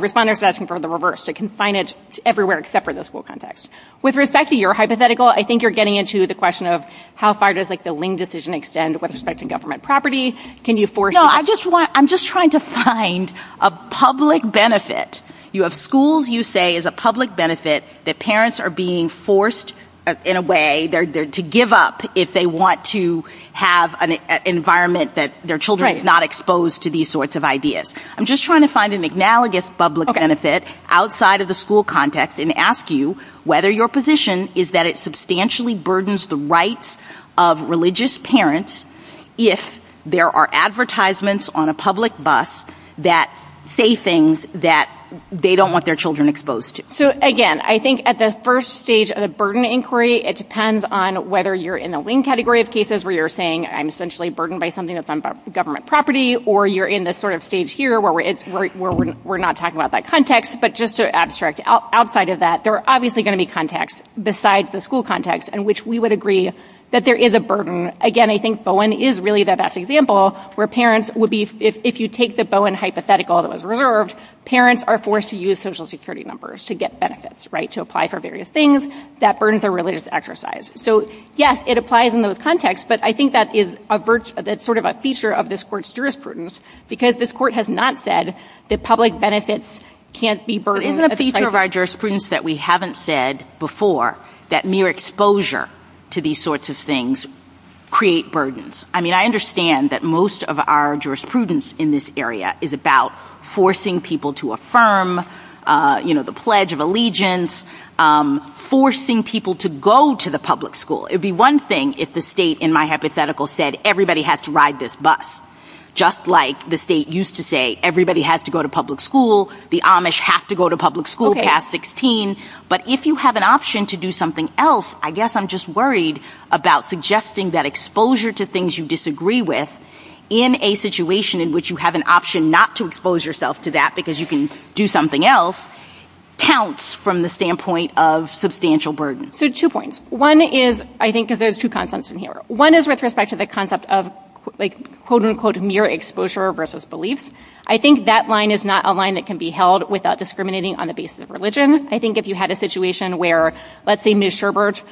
responders are asking for the reverse. They can find it everywhere except for the school context. With respect to your hypothetical, I think you're getting into the question of how far the link decision extends with respect to government property. I'm just trying to find a public benefit. You have schools you say is a public benefit that parents are being forced in a way to give up if they want to have an environment that their children are not exposed to these sorts of ideas. I'm just trying to find an analogous public benefit outside of the school context and ask you whether your position is that it substantially burdens the rights of religious parents if there are advertisements on a public bus that say things that they don't want their children exposed to. So again, I think at the first stage of the burden inquiry, it depends on whether you're in the wing category of cases where you're saying I'm essentially burdened by something that's on government property or you're in this sort of stage here where we're not talking about that context. But just to abstract, outside of that, there are obviously going to be contexts besides the school context in which we would agree that there is a burden. Again, I think Bowen is really the best example where parents would be, if you take the Bowen hypothetical that was reserved, parents are forced to use social security numbers to get benefits, right, to apply for various things. That burden is a religious exercise. So yes, it applies in those contexts. But I think that's sort of a feature of this court's jurisprudence because this court has not said that public benefits can't be burdened. It isn't a feature of our jurisprudence that we haven't said before that mere exposure to these sorts of things create burdens. I mean, I understand that most of our jurisprudence in this area is about forcing people to affirm, you know, the Pledge of Allegiance, forcing people to go to the public school. It would be one thing if the state, in my hypothetical, said everybody has to ride this bus, just like the state used to say everybody has to go to public school, the Amish have to go to public school past 16. But if you have an option to do something else, I guess I'm just worried about suggesting that exposure to things you disagree with in a situation in which you have an option not to expose yourself to that because you can do something else counts from the standpoint of substantial burden. So two points. One is, I think there's two concepts in here. One is with respect to the concept of, like, quote, unquote, mere exposure versus belief. I think that line is not a line that can be held without discriminating on the basis of religion. I think if you had a situation where, let's say, Ms. Sherbert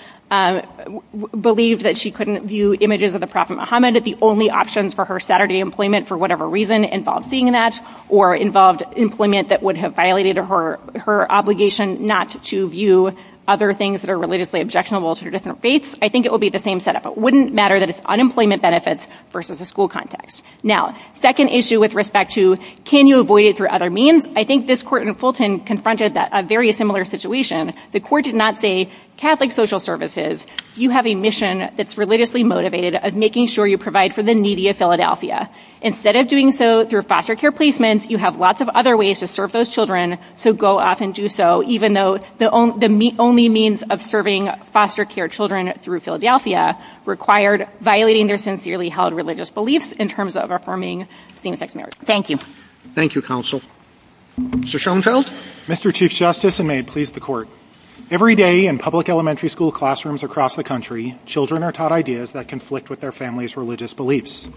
believed that she couldn't view images of the Prophet Muhammad as the only options for her Saturday employment for whatever reason involved seeing that or involved employment that would have violated her obligation not to view other things that are relatively objectionable to her different faiths, I think it would be the same setup. Wouldn't matter that it's unemployment benefits versus a school context. Now, second issue with respect to, can you avoid it through other means? I think this court in Fulton confronted a very similar situation. The court did not say, Catholic social services, you have a mission that's religiously motivated of making sure you provide for the needy of Philadelphia. Instead of doing so through foster care placements, you have lots of other ways to serve those children to go off and do so even though the only means of serving foster care children through Philadelphia required violating their sincerely held religious beliefs in terms of affirming same sex marriage. Thank you. Thank you, counsel. Mr. Schoenfeld? Mr. Chief Justice, and may it please the court. Every day in public elementary school classrooms across the country, children are taught ideas that conflict with their family's religious beliefs.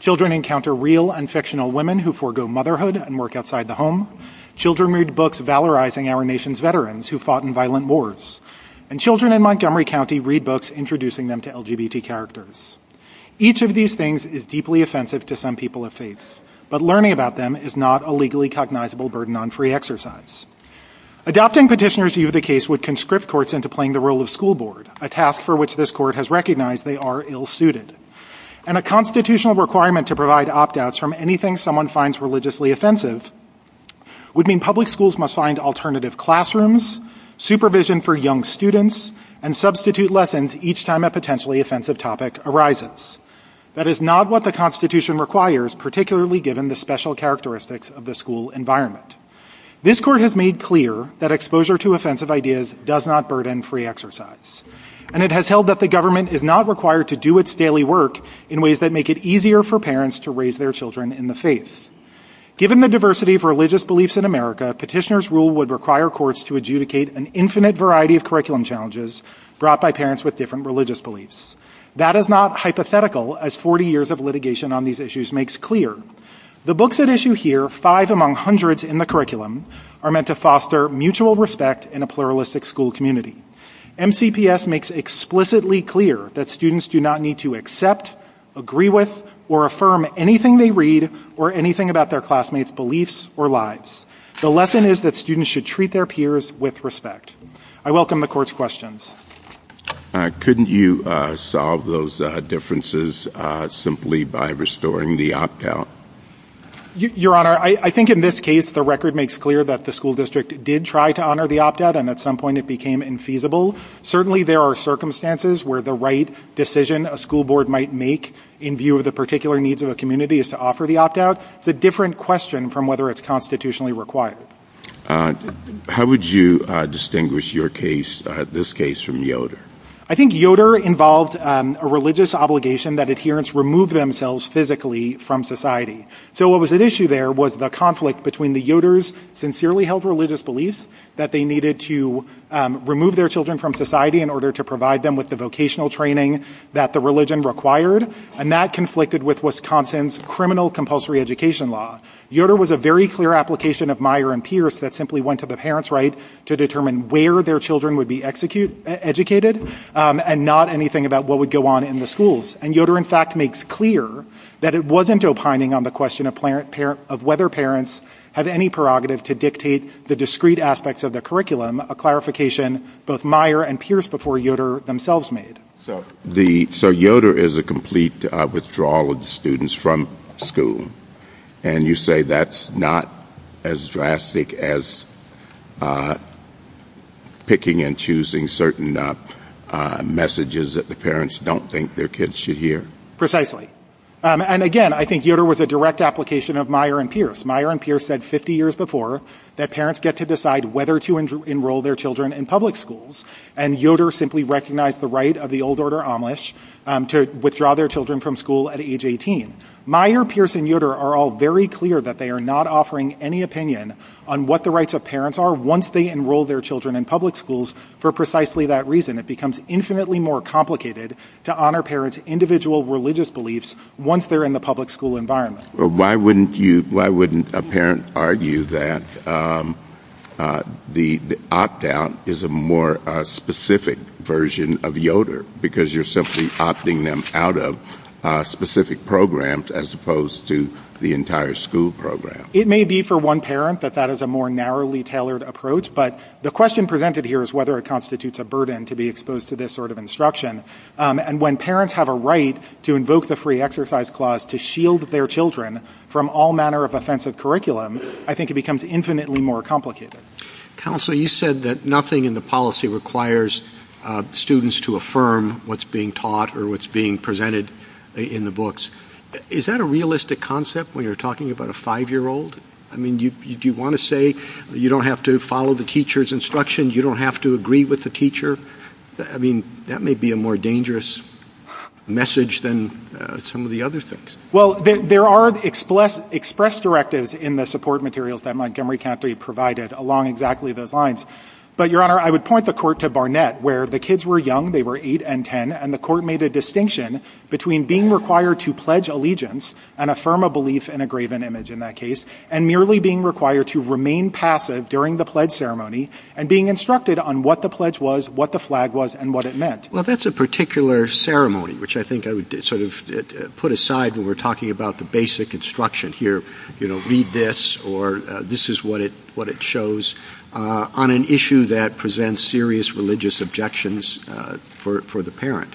Children encounter real and fictional women who forego motherhood and work outside the Children read books valorizing our nation's veterans who fought in violent wars. And children in Montgomery County read books introducing them to LGBT characters. Each of these things is deeply offensive to some people of faith. But learning about them is not a legally cognizable burden on free exercise. Adopting petitioners view of the case would conscript courts into playing the role of school board, a task for which this court has recognized they are ill-suited. And a constitutional requirement to provide opt-outs from anything someone finds religiously offensive would mean public schools must find alternative classrooms, supervision for young students, and substitute lessons each time a potentially offensive topic arises. That is not what the Constitution requires, particularly given the special characteristics of the school environment. This court has made clear that exposure to offensive ideas does not burden free exercise. And it has held that the government is not required to do its daily work in ways that make it easier for parents to raise their children in the faith. Given the diversity of religious beliefs in America, petitioners rule would require courts to adjudicate an infinite variety of curriculum challenges brought by parents with different religious beliefs. That is not hypothetical, as 40 years of litigation on these issues makes clear. The books at issue here, five among hundreds in the curriculum, are meant to foster mutual respect in a pluralistic school community. MCPS makes explicitly clear that students do not need to accept, agree with, or affirm anything they read or anything about their classmates' beliefs or lives. The lesson is that students should treat their peers with respect. I welcome the court's questions. Couldn't you solve those differences simply by restoring the opt-out? Your Honor, I think in this case the record makes clear that the school district did try to honor the opt-out, and at some point it became infeasible. Certainly there are circumstances where the right decision a school board might make in view of the particular needs of a community is to offer the opt-out. It's a different question from whether it's constitutionally required. How would you distinguish your case, this case, from Yoder? I think Yoder involved a religious obligation that adherents remove themselves physically from society. So what was at issue there was the conflict between the Yoders' sincerely held religious beliefs that they needed to remove their children from society in order to provide them with vocational training that the religion required, and that conflicted with Wisconsin's criminal compulsory education law. Yoder was a very clear application of Meyer and Pierce that simply went to the parents' right to determine where their children would be educated and not anything about what would go on in the schools. And Yoder, in fact, makes clear that it wasn't opining on the question of whether parents have any prerogative to dictate the discrete aspects of the curriculum, a clarification both Meyer and Pierce before Yoder themselves made. So Yoder is a complete withdrawal of students from school, and you say that's not as drastic as picking and choosing certain messages that the parents don't think their kids should hear? Precisely. And again, I think Yoder was a direct application of Meyer and Pierce. Meyer and Pierce said 50 years before that parents get to decide whether to enroll their children in public schools, and Yoder simply recognized the right of the old order Amish to withdraw their children from school at age 18. Meyer, Pierce, and Yoder are all very clear that they are not offering any opinion on what the rights of parents are once they enroll their children in public schools for precisely that reason. It becomes infinitely more complicated to honor parents' individual religious beliefs once they're in the public school environment. Why wouldn't a parent argue that the opt-out is a more specific version of Yoder because you're simply opting them out of specific programs as opposed to the entire school program? It may be for one parent that that is a more narrowly tailored approach, but the question presented here is whether it constitutes a burden to be exposed to this sort of instruction. And when parents have a right to invoke the Free Exercise Clause to shield their children from all manner of offensive curriculum, I think it becomes infinitely more complicated. Counselor, you said that nothing in the policy requires students to affirm what's being taught or what's being presented in the books. Is that a realistic concept when you're talking about a five-year-old? I mean, do you want to say you don't have to follow the teacher's instructions? You don't have to agree with the teacher? I mean, that may be a more dangerous message than some of the other things. Well, there are express directives in the support materials that Montgomery County provided along exactly those lines. But, Your Honor, I would point the court to Barnett, where the kids were young, they were eight and ten, and the court made a distinction between being required to pledge allegiance and affirm a belief in a graven image in that case, and merely being required to remain passive during the pledge ceremony and being instructed on what the pledge was, what the flag was, and what it meant. Well, that's a particular ceremony, which I think I would sort of put aside when we're talking about the basic instruction here. You know, read this, or this is what it shows on an issue that presents serious religious objections for the parent.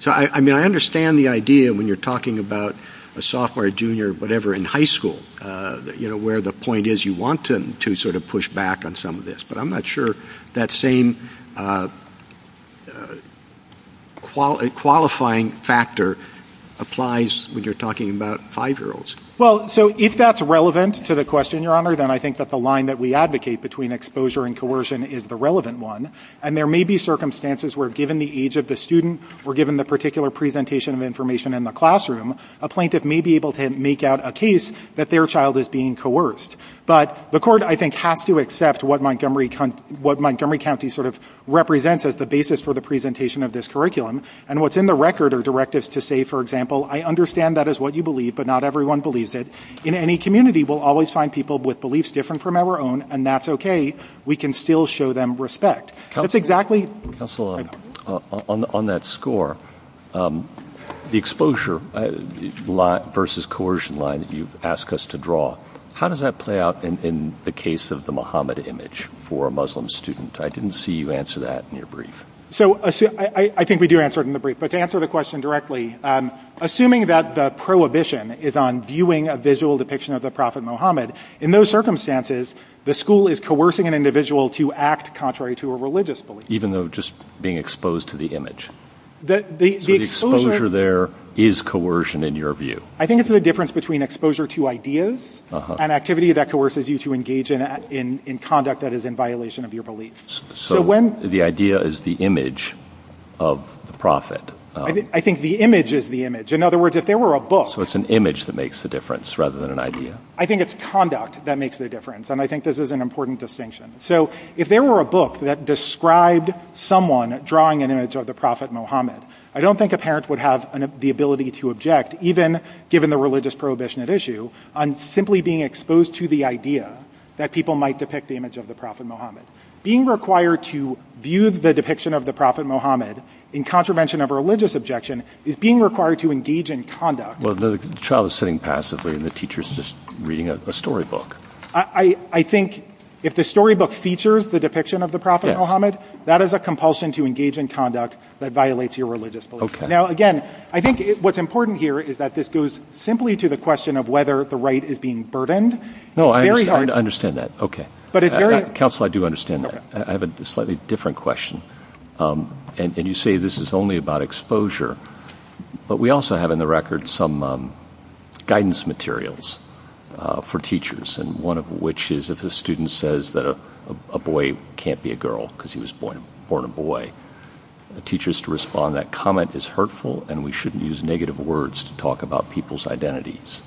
So, I mean, I understand the idea when you're talking about a sophomore, junior, whatever in high school, you know, where the point is you want them to sort of push back on some of this, but I'm not sure that same qualifying factor applies when you're talking about five-year-olds. Well, so if that's relevant to the question, Your Honor, then I think that the line that we advocate between exposure and coercion is the relevant one, and there may be circumstances where given the age of the student, or given the particular presentation of information in the classroom, a plaintiff may be able to make out a case that their child is being coerced. But the court, I think, has to accept what Montgomery County sort of represents as the basis for the presentation of this curriculum, and what's in the record are directives to say, for example, I understand that is what you believe, but not everyone believes it. In any community, we'll always find people with beliefs different from our own, and that's okay. We can still show them respect. Counselor, on that score, the exposure versus coercion line that you've asked us to draw, how does that play out in the case of the Muhammad image for a Muslim student? I didn't see you answer that in your brief. So I think we do answer it in the brief, but to answer the question directly, assuming that the prohibition is on viewing a visual depiction of the Prophet Muhammad, in those circumstances, the school is coercing an individual to act contrary to a religious belief. Even though just being exposed to the image. The exposure there is coercion in your view. I think it's the difference between exposure to ideas and activity that coerces you to engage in conduct that is in violation of your beliefs. So the idea is the image of the Prophet. I think the image is the image. In other words, if there were a book. So it's an image that makes the difference rather than an idea. I think it's conduct that makes the difference. And I think this is an important distinction. So if there were a book that described someone drawing an image of the Prophet Muhammad, I don't think a parent would have the ability to object, even given the religious prohibition at issue, on simply being exposed to the idea that people might depict the image of the Prophet Muhammad. Being required to view the depiction of the Prophet Muhammad in contravention of religious objection is being required to engage in conduct. Well, the child is sitting passively and the teacher is just reading a storybook. I think if the storybook features the depiction of the Prophet Muhammad, that is a compulsion to engage in conduct that violates your religious beliefs. Now again, I think what's important here is that this goes simply to the question of whether the right is being burdened. No, I understand that. But it's very... Counsel, I do understand that. I have a slightly different question. And you say this is only about exposure. But we also have in the record some guidance materials for teachers. And one of which is if a student says that a boy can't be a girl because he was born a boy, the teacher is to respond that comment is hurtful and we shouldn't use negative words to talk about people's identities.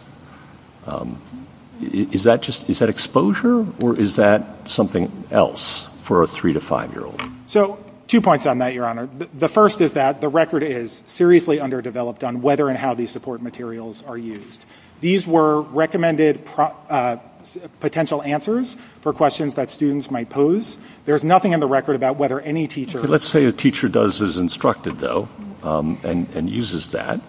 Is that exposure or is that something else for a three to five-year-old? So two points on that, Your Honor. The first is that the record is seriously underdeveloped on whether and how these support materials are used. These were recommended potential answers for questions that students might pose. There's nothing in the record about whether any teacher... Let's say a teacher does as instructed, though, and uses that.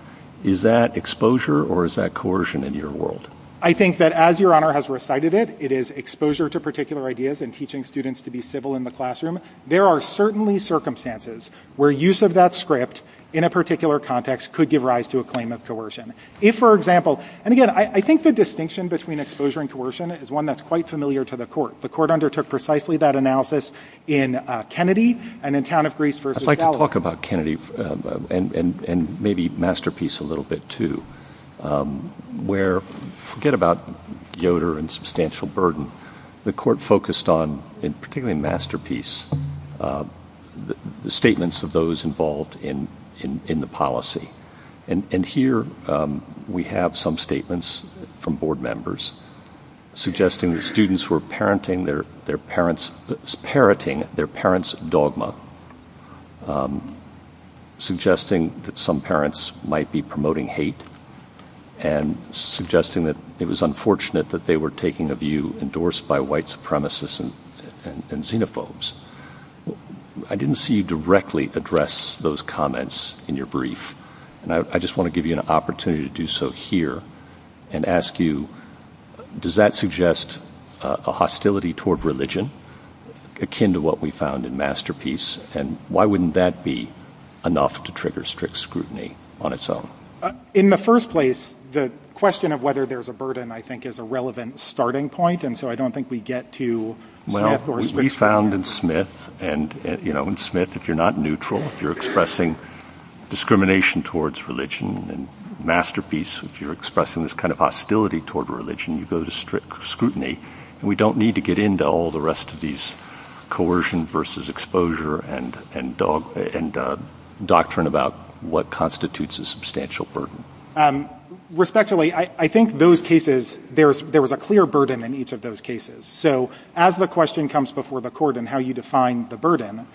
Is that exposure or is that coercion in your world? I think that as Your Honor has recited it, it is exposure to particular ideas and teaching students to be civil in the classroom. There are certainly circumstances where use of that script in a particular context could give rise to a claim of coercion. If, for example... And again, I think the distinction between exposure and coercion is one that's quite familiar to the court. The court undertook precisely that analysis in Kennedy and in Town of Greece versus... I'd like to talk about Kennedy and maybe Masterpiece a little bit, too, where... Forget about Yoder and substantial burden. The court focused on, particularly in Masterpiece, the statements of those involved in the policy. And here we have some statements from board members suggesting that students were parenting their parents' dogma, suggesting that some parents might be promoting hate, and suggesting it was unfortunate that they were taking a view endorsed by white supremacists and xenophobes. I didn't see you directly address those comments in your brief, and I just want to give you an opportunity to do so here and ask you, does that suggest a hostility toward religion akin to what we found in Masterpiece, and why wouldn't that be enough to trigger strict scrutiny on its own? In the first place, the question of whether there's a burden, I think, is a relevant starting point, and so I don't think we get to... Well, we found in Smith, and in Smith, if you're not neutral, if you're expressing discrimination towards religion in Masterpiece, if you're expressing this kind of hostility toward religion, you go to strict scrutiny, and we don't need to get into all the rest of these coercion versus exposure and doctrine about what constitutes a substantial burden. Respectfully, I think those cases, there was a clear burden in each of those cases. So as the question comes before the court in how you define the burden,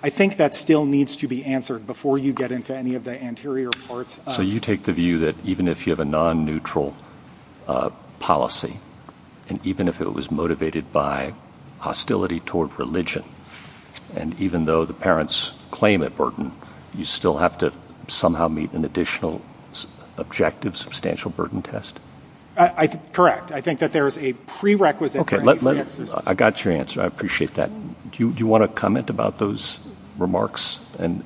I think that still needs to be answered before you get into any of the anterior parts. So you take the view that even if you have a non-neutral policy, and even if it was motivated by hostility toward religion, and even though the parents claim that burden, you still have to somehow meet an additional objective substantial burden test? Correct. I think that there's a prerequisite... Okay, I got your answer. I appreciate that. Do you want to comment about those remarks and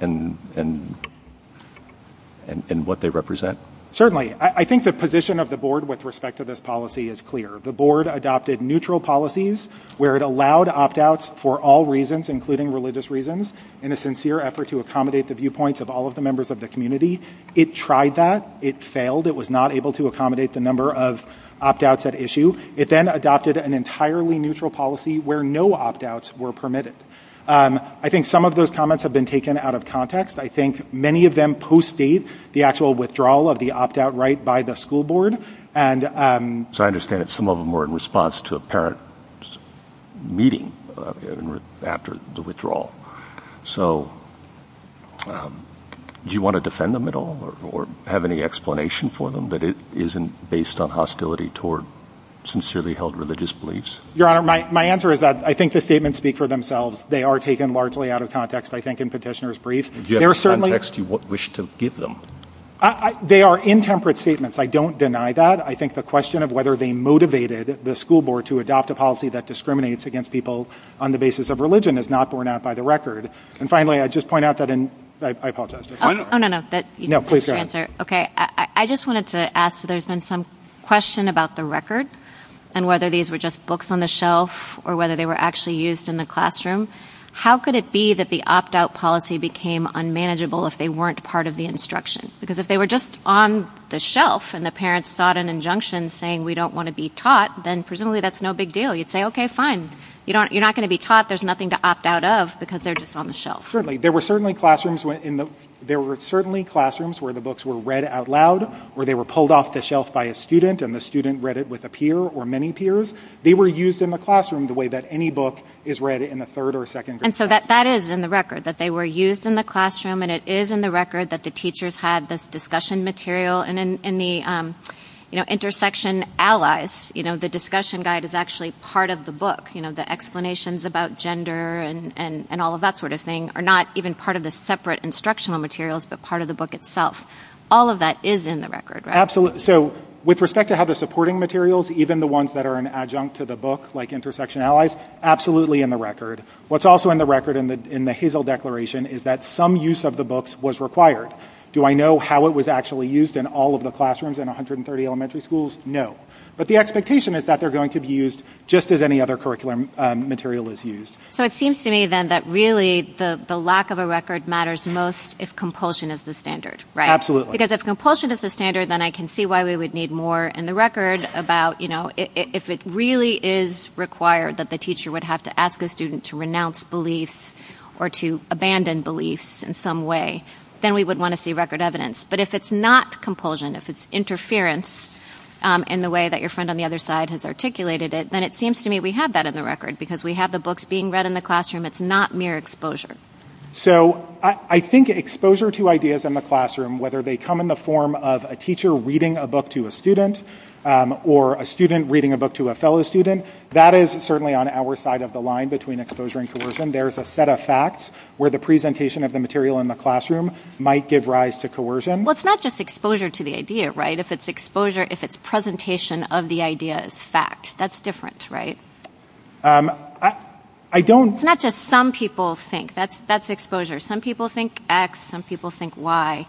what they represent? Certainly. I think the position of the board with respect to this policy is clear. The board adopted neutral policies where it allowed opt-outs for all reasons, including religious reasons, in a sincere effort to accommodate the viewpoints of all of the members of the community. It tried that. It failed. It was not able to accommodate the number of opt-outs at issue. It then adopted an entirely neutral policy where no opt-outs were permitted. I think some of those comments have been taken out of context. I think many of them postdate the actual withdrawal of the opt-out right by the school board. So I understand that some of them were in response to a parent's meeting after the withdrawal. So do you want to defend them at all or have any explanation for them that it isn't based on hostility toward sincerely held religious beliefs? Your Honor, my answer is that I think the statements speak for themselves. They are taken largely out of context, I think, in Petitioner's brief. Do you have context you wish to give them? They are intemperate statements. I don't deny that. I think the question of whether they motivated the school board to adopt a policy that discriminates against people on the basis of religion is not borne out by the record. And finally, I'd just point out that in – I apologize. Oh, no, no. No, please go ahead. Okay. I just wanted to ask if there's been some question about the record and whether these were just books on the shelf or whether they were actually used in the classroom. How could it be that the opt-out policy became unmanageable if they weren't part of the instruction? Because if they were just on the shelf and the parents sought an injunction saying we don't want to be taught, then presumably that's no big deal. You'd say, okay, fine. You're not going to be taught. There's nothing to opt out of because they're just on the shelf. Certainly. There were certainly classrooms where the books were read out loud or they were pulled off the shelf by a student and the student read it with a peer or many peers. They were used in the classroom the way that any book is read in the third or second grade. And so that is in the record, that they were used in the classroom and it is in the record that the teachers had this discussion material. And in the Intersection Allies, the discussion guide is actually part of the book. The explanations about gender and all of that sort of thing are not even part of the separate instructional materials but part of the book itself. All of that is in the record, right? Absolutely. So with respect to how the supporting materials, even the ones that are an adjunct to the book like Intersection Allies, absolutely in the record. What's also in the record in the Hazel Declaration is that some use of the books was required. Do I know how it was actually used in all of the classrooms in 130 elementary schools? No. But the expectation is that they're going to be used just as any other curriculum material is used. So it seems to me then that really the lack of a record matters most if compulsion is the standard, right? Absolutely. Because if compulsion is the standard, then I can see why we would need more in the record about, you know, if it really is required that the teacher would have to ask a student to renounce beliefs or to abandon beliefs in some way, then we would want to see record evidence. But if it's not compulsion, if it's interference in the way that your friend on the other side has articulated it, then it seems to me we have that in the record because we have the books being read in the classroom. It's not mere exposure. So I think exposure to ideas in the classroom, whether they come in the form of a teacher reading a book to a student or a student reading a book to a fellow student, that is certainly on our side of the line between exposure and coercion. There's a set of facts where the presentation of the material in the classroom might give rise to coercion. Well, it's not just exposure to the idea, right? If it's exposure, if it's presentation of the idea as fact. That's different, right? I don't... It's not just some people think. That's exposure. Some people think X. Some people think Y.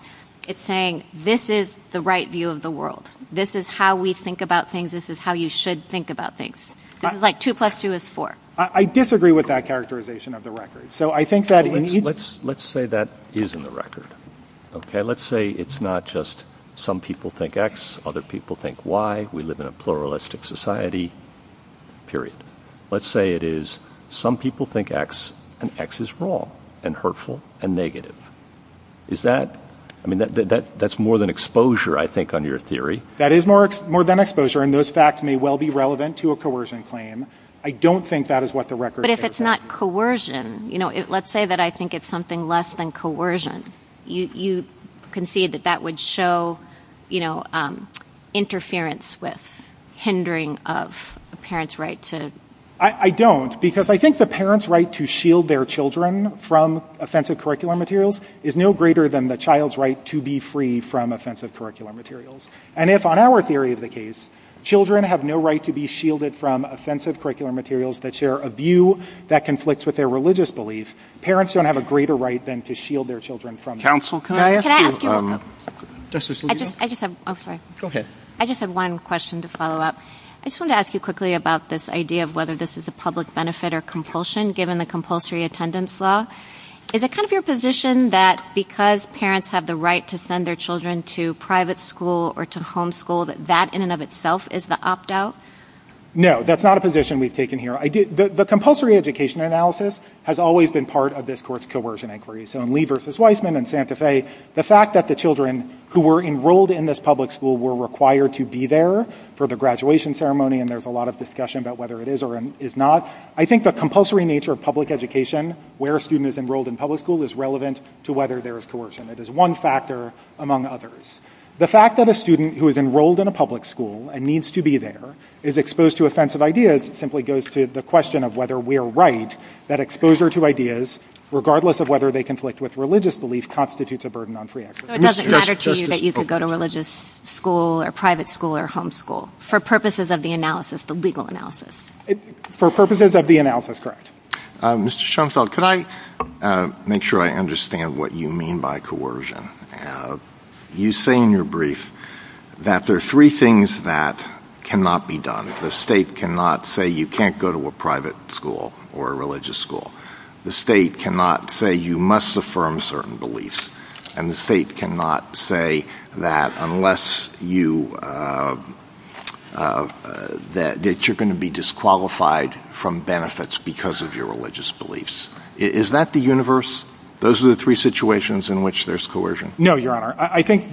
It's saying this is the right view of the world. This is how we think about things. This is how you should think about things. This is like two plus two is four. I disagree with that characterization of the record. So I think that it needs... Let's say that is in the record, okay? Let's say it's not just some people think X, other people think Y. We live in a pluralistic society, period. Let's say it is some people think X and X is wrong and hurtful and negative. Is that... I mean, that's more than exposure, I think, on your theory. That is more than exposure and those facts may well be relevant to a coercion claim. I don't think that is what the record says. But if it's not coercion, you know, let's say that I think it's something less than coercion. You concede that that would show, you know, interference with hindering of a parent's right to... I don't because I think the parent's right to shield their children from offensive curricular materials is no greater than the child's right to be free from offensive curricular materials. And if on our theory of the case, children have no right to be shielded from offensive curricular materials that share a view that conflicts with their religious belief, parents don't have a greater right than to shield their children from... Counsel, can I ask you... Can I ask you a question? Justice Lujan? I just have... I'm sorry. Go ahead. I just have one question to follow up. I just want to ask you quickly about this idea of whether this is a public benefit or compulsion given the compulsory attendance law. Is it kind of your position that because parents have the right to send their children to private school or to homeschool that that in and of itself is the opt-out? No, that's not a position we've taken here. The compulsory education analysis has always been part of this court's coercion inquiries. So in Lee v. Weissman and Santa Fe, the fact that the children who were enrolled in this public school were required to be there for the graduation ceremony and there's a lot of discussion about whether it is or is not. I think the compulsory nature of public education, where a student is enrolled in public school, is relevant to whether there is coercion. It is one factor among others. The fact that a student who is enrolled in a public school and needs to be there is exposed to offensive ideas simply goes to the question of whether we are right that exposure to ideas, regardless of whether they conflict with religious belief, constitutes a burden on free access. So it doesn't matter to you that you could go to religious school or private school or homeschool for purposes of the analysis, the legal analysis? For purposes of the analysis, correct. Mr. Schoenfeld, could I make sure I understand what you mean by coercion? You say in your brief that there are three things that cannot be done. The state cannot say you can't go to a private school or a religious school. The state cannot say you must affirm certain beliefs. And the state cannot say that you're going to be disqualified from benefits because of your religious beliefs. Is that the universe? Those are the three situations in which there's coercion. No, Your Honor. I think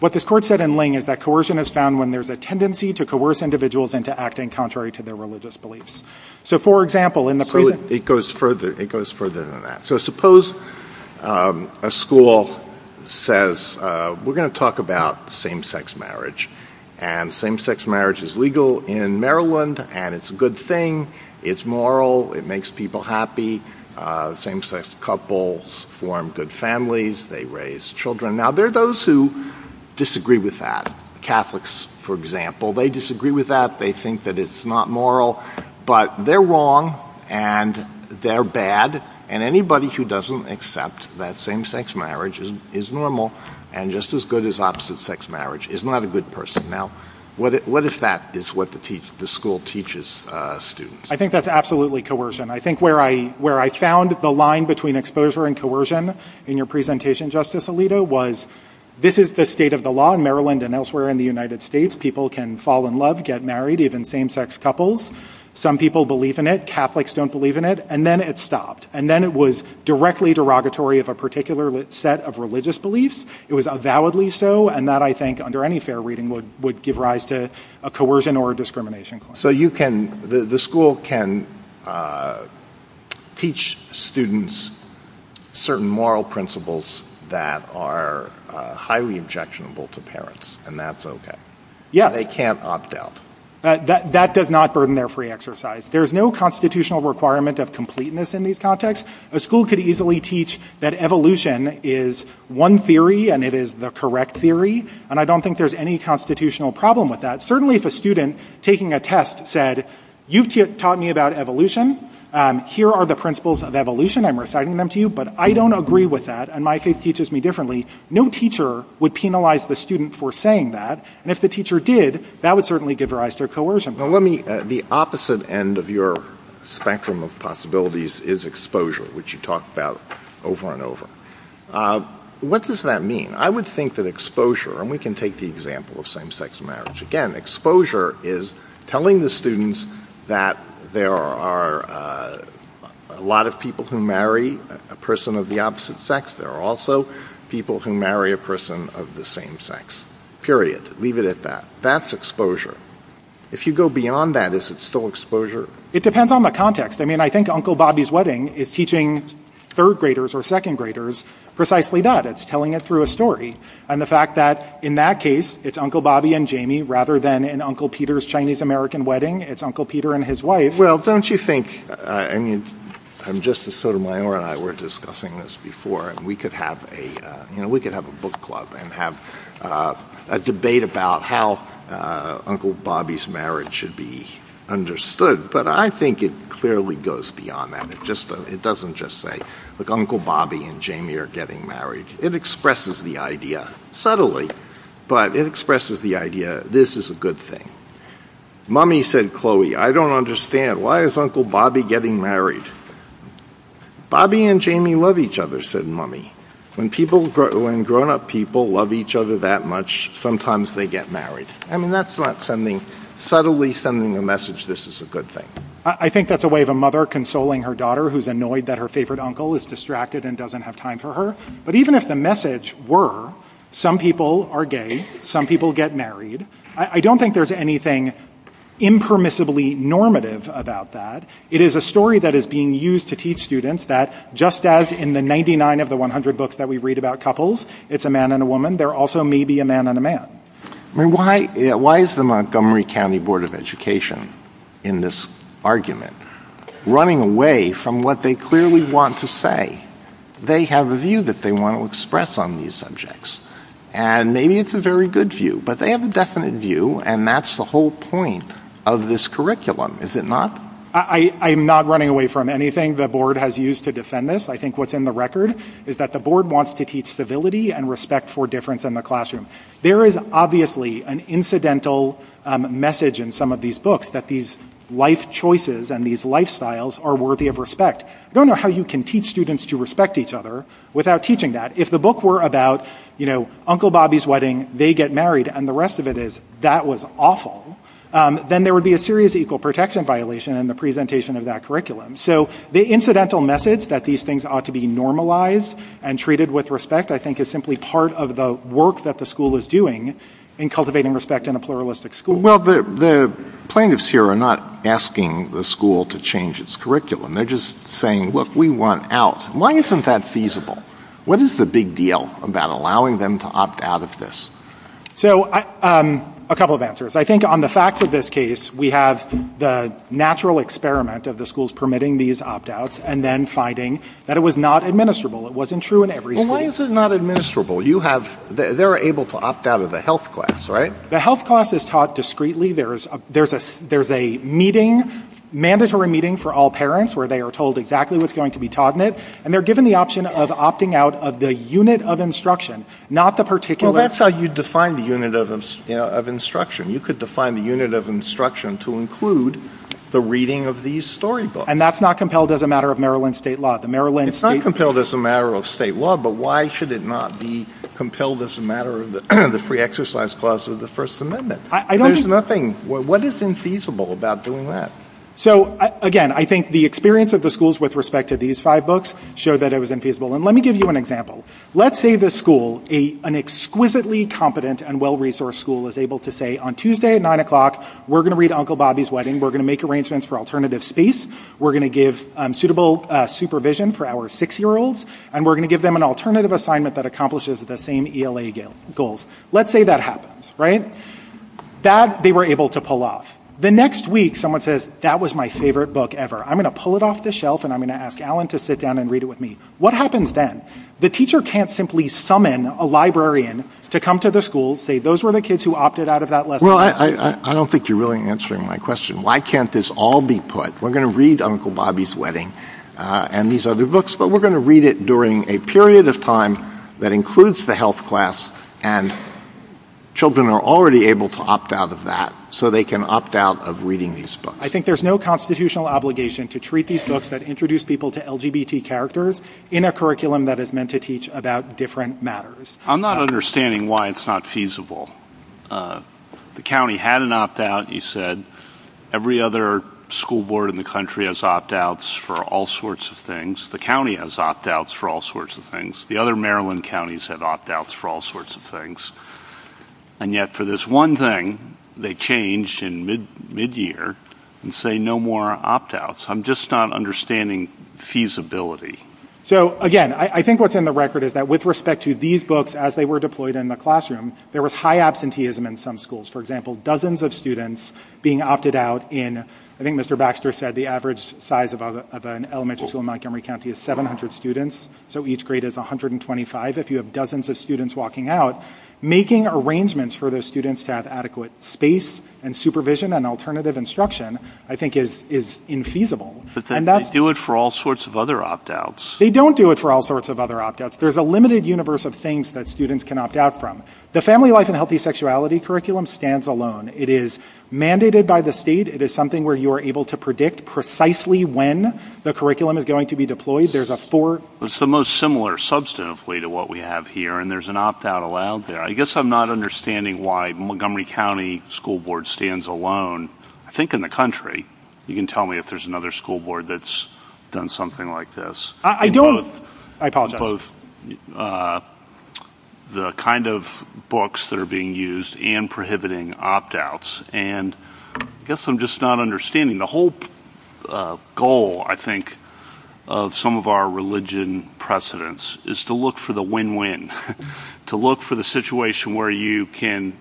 what the court said in Ling is that coercion is found when there's a tendency to coerce individuals into acting contrary to their religious beliefs. So, for example, in the... It goes further. It goes further than that. So suppose a school says, we're going to talk about same-sex marriage. And same-sex marriage is legal in Maryland. And it's a good thing. It's moral. It makes people happy. Same-sex couples form good families. They raise children. Now, there are those who disagree with that. Catholics, for example, they disagree with that. They think that it's not moral. But they're wrong. And they're bad. And anybody who doesn't accept that same-sex marriage is normal and just as good as opposite sex marriage is not a good person. Now, what if that is what the school teaches students? I think that's absolutely coercion. I think where I found the line between exposure and coercion in your presentation, Justice Alito, was this is the state of the law in Maryland and elsewhere in the United States. People can fall in love, get married, even same-sex couples. Some people believe in it. Catholics don't believe in it. And then it stopped. And then it was directly derogatory of a particular set of religious beliefs. It was avowedly so. And that, I think, under any fair reading, would give rise to a coercion or a discrimination. So the school can teach students certain moral principles that are highly objectionable to parents. And that's OK. Yeah. They can't opt out. That does not burden their free exercise. There's no constitutional requirement of completeness in these contexts. The school could easily teach that evolution is one theory, and it is the correct theory. And I don't think there's any constitutional problem with that. Certainly, if a student taking a test said, you've taught me about evolution. Here are the principles of evolution. I'm reciting them to you. But I don't agree with that. And my faith teaches me differently. No teacher would penalize the student for saying that. And if the teacher did, that would certainly give rise to coercion. The opposite end of your spectrum of possibilities is exposure, which you talked about over and over. What does that mean? I would think that exposure, and we can take the example of same-sex marriage. Again, exposure is telling the students that there are a lot of people who marry a person of the opposite sex. There are also people who marry a person of the same sex, period. Leave it at that. That's exposure. If you go beyond that, is it still exposure? It depends on the context. I mean, I think Uncle Bobby's wedding is teaching third-graders or second-graders precisely that. It's telling it through a story. And the fact that in that case, it's Uncle Bobby and Jamie, rather than in Uncle Peter's Chinese-American wedding, it's Uncle Peter and his wife. Well, don't you think, I mean, just as Sotomayor and I were discussing this before, and we could have a book club and have a debate about how Uncle Bobby's marriage should be understood, but I think it clearly goes beyond that. It doesn't just say, look, Uncle Bobby and Jamie are getting married. It expresses the idea subtly, but it expresses the idea, this is a good thing. Mommy said, Chloe, I don't understand. Why is Uncle Bobby getting married? Bobby and Jamie love each other, said Mommy. When grown-up people love each other that much, sometimes they get married. I mean, that's not sending, subtly sending a message, this is a good thing. I think that's a way of a mother consoling her daughter who's annoyed that her favorite uncle is distracted and doesn't have time for her. But even if the message were, some people are gay, some people get married, I don't think there's anything impermissibly normative about that. It is a story that is being used to teach students that, just as in the 99 of the 100 books that we read about couples, it's a man and a woman, there also may be a man and a man. I mean, why is the Montgomery County Board of Education, in this argument, running away from what they clearly want to say? They have a view that they want to express on these subjects, and maybe it's a very good view, but they have a definite view, and that's the whole point of this curriculum, is it not? I'm not running away from anything the board has used to defend this. I think what's in the record is that the board wants to keep stability and respect for difference in the classroom. There is obviously an incidental message in some of these books that these life choices and these lifestyles are worthy of respect. I don't know how you can teach students to respect each other without teaching that. If the book were about, you know, Uncle Bobby's wedding, they get married, and the rest of it is, that was awful, then there would be a serious equal protection violation in the presentation of that curriculum. So, the incidental message that these things ought to be normalized and treated with respect, I think, is simply part of the work that the school is doing in cultivating respect in a pluralistic school. Well, the plaintiffs here are not asking the school to change its curriculum. They're just saying, look, we want out. Why isn't that feasible? What is the big deal about allowing them to opt out of this? So, a couple of answers. I think on the facts of this case, we have the natural experiment of the schools permitting these opt-outs and then finding that it was not administrable. It wasn't true in every school. Well, why is it not administrable? You have, they're able to opt out of the health class, right? The health class is taught discreetly. There's a meeting, mandatory meeting for all parents where they are told exactly what's going to be taught in it, and they're given the option of opting out of the unit of instruction, not the particular... Well, that's how you define the unit of instruction. You could define the unit of instruction to include the reading of these storybooks. And that's not compelled as a matter of Maryland state law. It's not compelled as a matter of state law, but why should it not be compelled as a matter of the free exercise clause of the First Amendment? What is infeasible about doing that? So, again, I think the experience of the schools with respect to these five books showed that it was infeasible. And let me give you an example. Let's say this school, an exquisitely competent and well-resourced school, is able to say, on Tuesday at 9 o'clock, we're going to read Uncle Bobby's Wedding. We're going to make arrangements for alternative space. We're going to give suitable supervision for our six-year-olds, and we're going to give them an alternative assignment that accomplishes the same ELA goals. Let's say that happens, right? That, they were able to pull off. The next week, someone says, that was my favorite book ever. I'm going to pull it off the shelf, and I'm going to ask Alan to sit down and read it with me. What happens then? The teacher can't simply summon a librarian to come to the school, say, those were the books you opted out of that lesson. Well, I don't think you're really answering my question. Why can't this all be put? We're going to read Uncle Bobby's Wedding and these other books, but we're going to read it during a period of time that includes the health class, and children are already able to opt out of that. So they can opt out of reading these books. I think there's no constitutional obligation to treat these books that introduce people to LGBT characters in a curriculum that is meant to teach about different matters. I'm not understanding why it's not feasible. The county had an opt-out. You said every other school board in the country has opt-outs for all sorts of things. The county has opt-outs for all sorts of things. The other Maryland counties have opt-outs for all sorts of things, and yet for this one thing, they changed in mid-year and say no more opt-outs. I'm just not understanding feasibility. So again, I think what's in the record is that with respect to these books as they were deployed in the classroom, there was high absenteeism in some schools. For example, dozens of students being opted out in, I think Mr. Baxter said the average size of an elementary school in Montgomery County is 700 students, so each grade is 125. If you have dozens of students walking out, making arrangements for those students to have adequate space and supervision and alternative instruction I think is infeasible. But they do it for all sorts of other opt-outs. They don't do it for all sorts of other opt-outs. There's a limited universe of things that students can opt-out from. The Family Life and Healthy Sexuality curriculum stands alone. It is mandated by the state. It is something where you are able to predict precisely when the curriculum is going to be deployed. There's a four... It's the most similar substantively to what we have here, and there's an opt-out allowed there. I guess I'm not understanding why Montgomery County School Board stands alone. I think in the country, you can tell me if there's another school board that's done something like this. I don't. I apologize. The kind of books that are being used and prohibiting opt-outs, and I guess I'm just not understanding. The whole goal, I think, of some of our religion precedents is to look for the win-win, to look for the situation where you can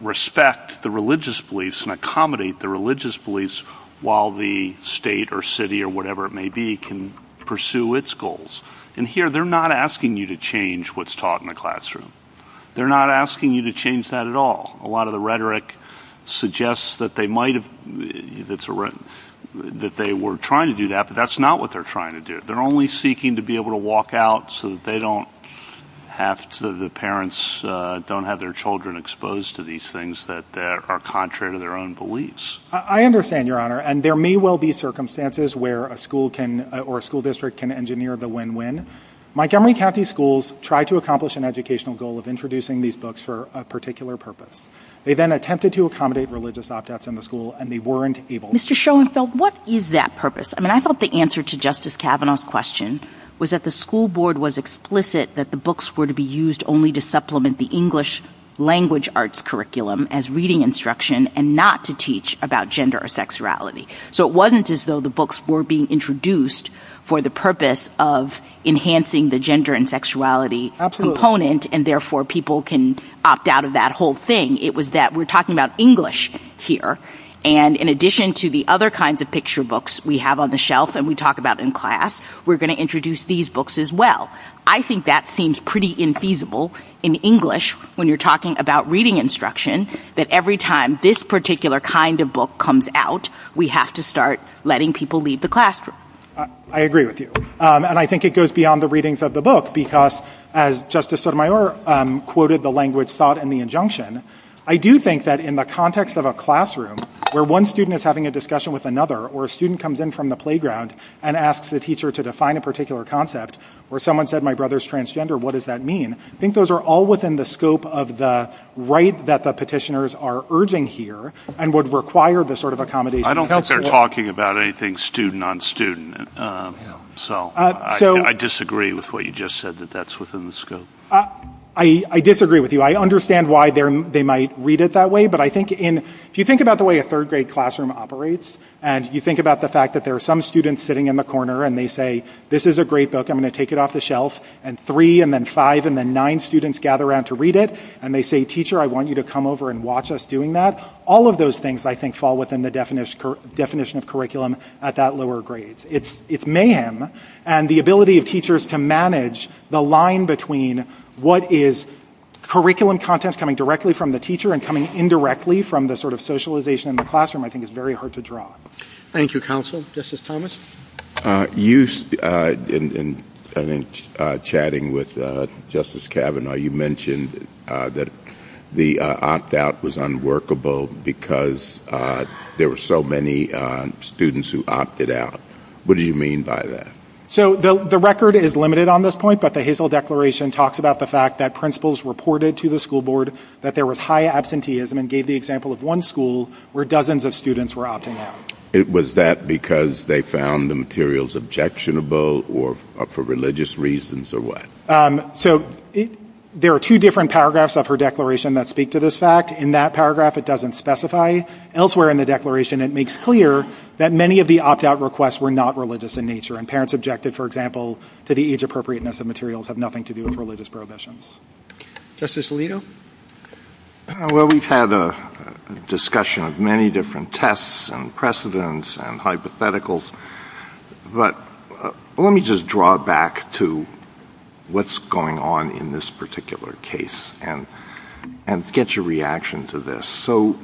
respect the religious beliefs and accommodate the religious beliefs while the state or city or whatever it may be can pursue its goals. Here, they're not asking you to change what's taught in the classroom. They're not asking you to change that at all. A lot of the rhetoric suggests that they were trying to do that, but that's not what they're trying to do. They're only seeking to be able to walk out so that the parents don't have their children exposed to these things that are contrary to their own beliefs. I understand, Your Honor, and there may well be circumstances where a school district can engineer the win-win. Montgomery County Schools tried to accomplish an educational goal of introducing these books for a particular purpose. They then attempted to accommodate religious opt-outs in the school, and they weren't able. Mr. Schoenfeld, what is that purpose? I thought the answer to Justice Kavanaugh's question was that the school board was explicit that the books were to be used only to supplement the English language arts curriculum as reading instruction and not to teach about gender or sexuality. So it wasn't as though the books were being introduced for the purpose of enhancing the gender and sexuality component, and therefore people can opt out of that whole thing. It was that we're talking about English here, and in addition to the other kinds of picture we have on the shelf and we talk about in class, we're going to introduce these books as well. I think that seems pretty infeasible in English when you're talking about reading instruction, that every time this particular kind of book comes out, we have to start letting people leave the classroom. I agree with you, and I think it goes beyond the readings of the book because, as Justice Sotomayor quoted the language thought and the injunction, I do think that in the context of a classroom where one student is having a discussion with another, or a student comes in from the playground and asks the teacher to define a particular concept, or someone said my brother's transgender, what does that mean? I think those are all within the scope of the right that the petitioners are urging here and would require this sort of accommodation. I don't think they're talking about anything student on student, so I disagree with what you just said, that that's within the scope. I disagree with you. I understand why they might read it that way, but I think if you think about the way a third grade classroom operates, and you think about the fact that there are some students sitting in the corner and they say, this is a great book, I'm going to take it off the shelf, and three and then five and then nine students gather around to read it, and they say, teacher, I want you to come over and watch us doing that. All of those things I think fall within the definition of curriculum at that lower grade. It's mayhem, and the ability of teachers to manage the line between what is curriculum content coming directly from the teacher and coming indirectly from the sort of socialization in the classroom I think is very hard to draw. Thank you, counsel. Justice Thomas? You, in chatting with Justice Kavanaugh, you mentioned that the opt-out was unworkable because there were so many students who opted out. What do you mean by that? So the record is limited on this point, but the Hazel Declaration talks about the fact that principals reported to the school board that there was high absenteeism and gave the example of one school where dozens of students were opting out. It was that because they found the materials objectionable or for religious reasons or what? So there are two different paragraphs of her declaration that speak to this fact. In that paragraph, it doesn't specify. Elsewhere in the declaration, it makes clear that many of the opt-out requests were not religious in nature, and parents objected, for example, to the age appropriateness of materials have nothing to do with religious prohibitions. Justice Alito? Well, we've had a discussion of many different tests and precedents and hypotheticals, but let me just draw back to what's going on in this particular case and get your reaction to this. So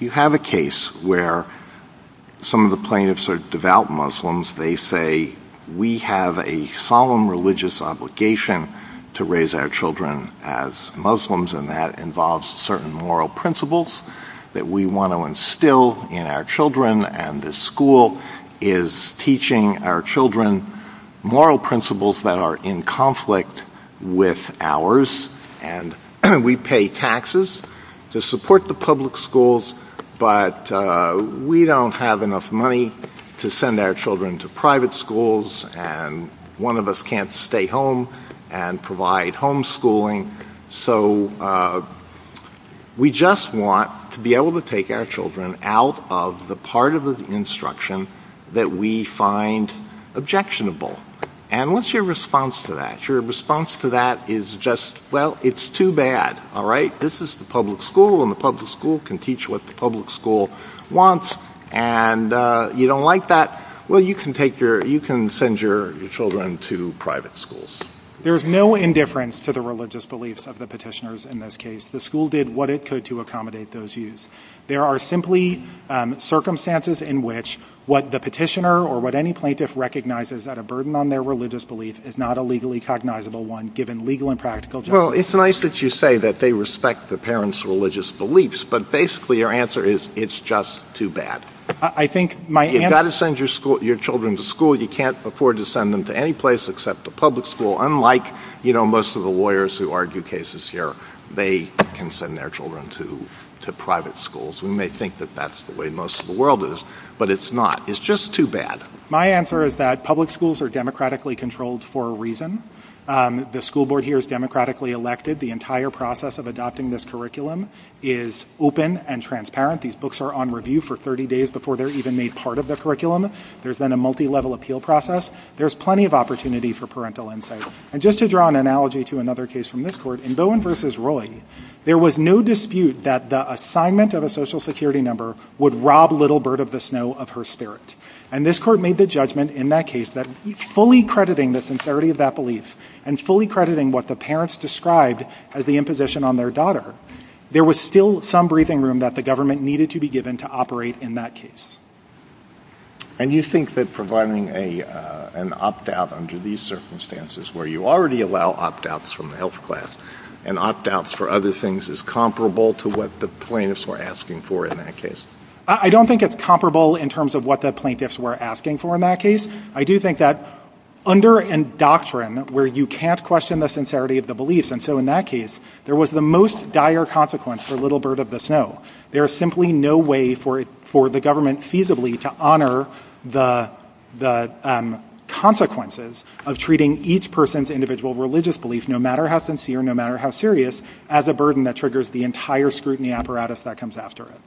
you have a case where some of the plaintiffs are devout Muslims. They say, we have a solemn religious obligation to raise our children as Muslims, and that involves certain moral principles that we want to instill in our children, and the school is teaching our children moral principles that are in conflict with ours, and we pay taxes to support the public schools, but we don't have enough money to send our children to private schools, and one of us can't stay home and provide homeschooling. So we just want to be able to take our children out of the part of the instruction that we find objectionable, and what's your response to that? Your response to that is just, well, it's too bad, all right? This is the public school, and the public school can teach what the public school wants, and you don't like that? Well, you can send your children to private schools. There's no indifference to the religious beliefs of the petitioners in this case. The school did what it could to accommodate those views. There are simply circumstances in which what the petitioner or what any plaintiff recognizes that a burden on their religious belief is not a legally cognizable one, given legal and practical terms. Well, it's nice that you say that they respect the parents' religious beliefs, but basically your answer is, it's just too bad. You've got to send your children to school. You can't afford to send them to any place except the public school, unlike most of the lawyers who argue cases here. They can send their children to private schools. We may think that that's the way most of the world is, but it's not. It's just too bad. My answer is that public schools are democratically controlled for a reason. The school board here is democratically elected. The entire process of adopting this curriculum is open and transparent. These books are on review for 30 days before they're even made part of the curriculum. There's been a multi-level appeal process. There's plenty of opportunity for parental insight. And just to draw an analogy to another case from this court, in Bowen v. Roy, there was no dispute that the assignment of a social security number would rob Little Bird of the Snow of her spirit. And this court made the judgment in that case that fully crediting the sincerity of that belief and fully crediting what the parents described as the imposition on their daughter, there was still some breathing room that the government needed to be given to operate in that case. And you think that providing an opt-out under these circumstances where you already allow opt-outs from the health class and opt-outs for other things is comparable to what the plaintiffs were asking for in that case? I don't think it's comparable in terms of what the plaintiffs were asking for in that case. I do think that under a doctrine where you can't question the sincerity of the beliefs, and so in that case, there was the most dire consequence for Little Bird of the Snow. There is simply no way for the government feasibly to honor the consequences of treating each person's individual religious belief, no matter how sincere, no matter how serious, as a burden that triggers the entire scrutiny apparatus that comes after it.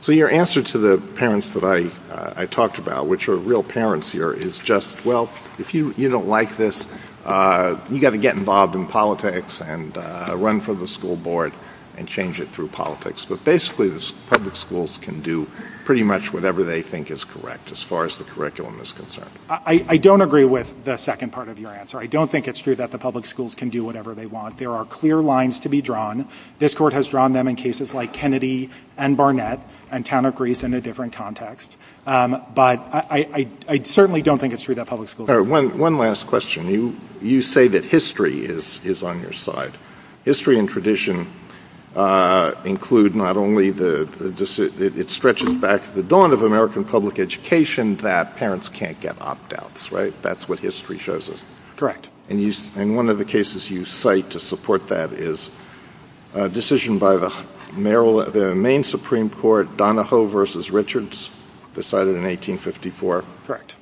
So your answer to the parents that I talked about, which are real parents here, is just, well, if you don't like this, you got to get involved in politics and run for the school board and change it through politics. Basically, the public schools can do pretty much whatever they think is correct, as far as the curriculum is concerned. I don't agree with the second part of your answer. I don't think it's true that the public schools can do whatever they want. There are clear lines to be drawn. This court has drawn them in cases like Kennedy and Barnett and Town of Greece in a different context. But I certainly don't think it's true that public schools can do that. One last question. You say that history is on your side. History and tradition include not only the – it stretches back to the dawn of American public education that parents can't get opt-outs, right? That's what history shows us. Correct. And one of the cases you cite to support that is a decision by the main Supreme Court, Donahoe v. Richards, decided in 1854. Correct.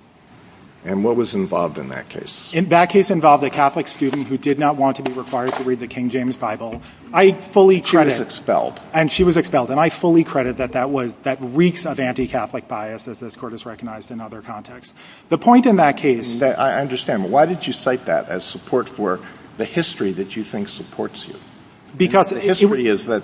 And what was involved in that case? That case involved a Catholic student who did not want to be required to read the King James Bible. I fully credit – She was expelled. And she was expelled. And I fully credit that that reeks of anti-Catholic bias, as this court has recognized in other contexts. The point in that case – I understand, but why did you cite that as support for the history that you think supports you? Because – The history is that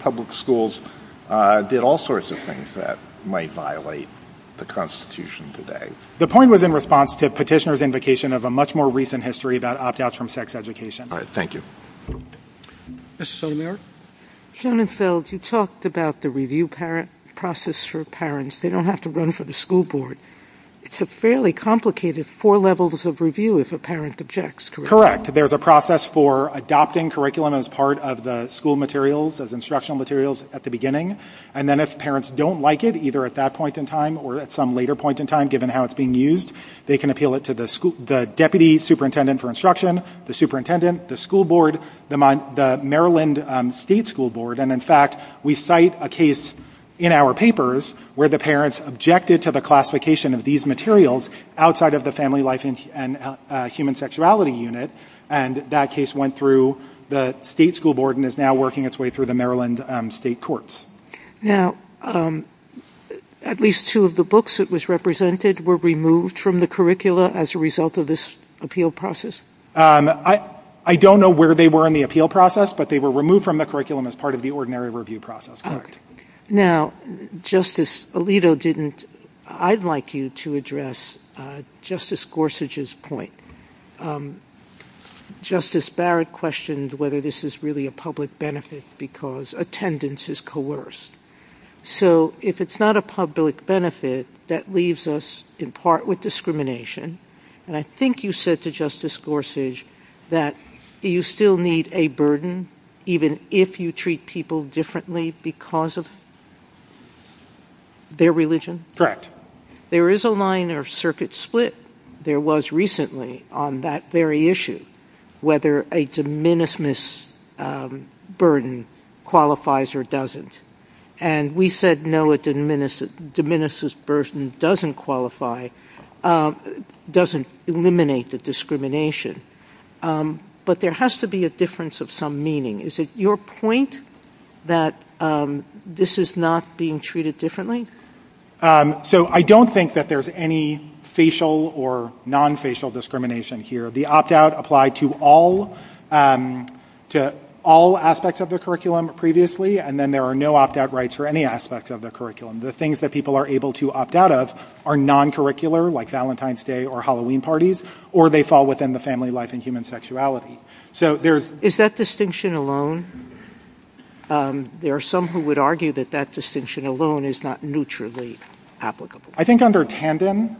public schools did all sorts of things that might violate the Constitution today. The point was in response to Petitioner's invocation of a much more recent history about opt-outs from sex education. All right. Thank you. Mr. Sotomayor? Joan and Phil, you talked about the review process for parents. They don't have to run for the school board. It's a fairly complicated four levels of review if a parent objects, correct? Correct. There's a process for adopting curriculum as part of the school materials, as instructional materials at the beginning. And then if parents don't like it, either at that point in time or at some later point in time, given how it's being used, they can appeal it to the deputy superintendent for instruction, the superintendent, the school board, the Maryland State School Board. And in fact, we cite a case in our papers where the parents objected to the classification of these materials outside of the Family Life and Human Sexuality Unit. And that case went through the state school board and is now working its way through the Maryland State Courts. Now, at least two of the books that was represented were removed from the curricula as a result of this appeal process? I don't know where they were in the appeal process, but they were removed from the curriculum as part of the ordinary review process. Now, Justice Alito, I'd like you to address Justice Gorsuch's point. Justice Barrett questioned whether this is really a public benefit because attendance is coerced. So if it's not a public benefit, that leaves us in part with discrimination. And I think you said to Justice Gorsuch that you still need a burden, even if you treat people differently because of their religion? There is a line or circuit split. There was recently on that very issue whether a de minimis burden qualifies or doesn't. And we said no, a de minimis burden doesn't qualify, doesn't eliminate the discrimination. But there has to be a difference of some meaning. Is it your point that this is not being treated differently? So I don't think that there's any facial or non-facial discrimination here. The opt-out applied to all aspects of the curriculum previously, and then there are no opt-out rights for any aspect of the curriculum. The things that people are able to opt out of are non-curricular, like Valentine's Day or Halloween parties, or they fall within the family life and human sexuality. Is that distinction alone? There are some who would argue that that distinction alone is not neutrally applicable. I think under Tandon,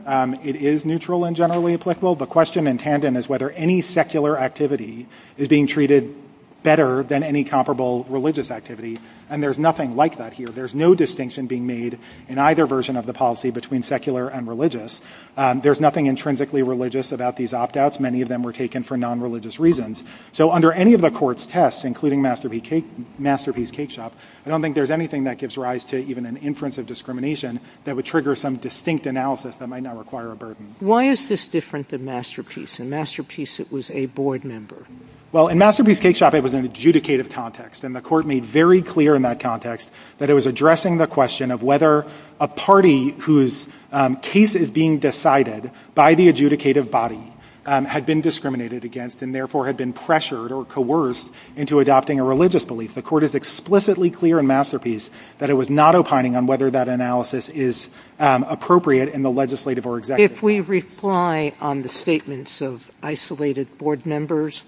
it is neutral and generally applicable. The question in Tandon is whether any secular activity is being treated better than any comparable religious activity. And there's nothing like that here. There's no distinction being made in either version of the policy between secular and There's nothing intrinsically religious about these opt-outs. Many of them were taken for non-religious reasons. So under any of the court's tests, including Masterpiece Cakeshop, I don't think there's anything that gives rise to even an inference of discrimination that would trigger some distinct analysis that might not require a burden. Why is this different than Masterpiece? In Masterpiece, it was a board member. Well, in Masterpiece Cakeshop, it was an adjudicative context. And the court made very clear in that context that it was addressing the question of whether a party whose case is being decided by the adjudicative body had been discriminated against and therefore had been pressured or coerced into adopting a religious belief. The court is explicitly clear in Masterpiece that it was not opining on whether that analysis is appropriate in the legislative or executive. If we reply on the statements of isolated board members,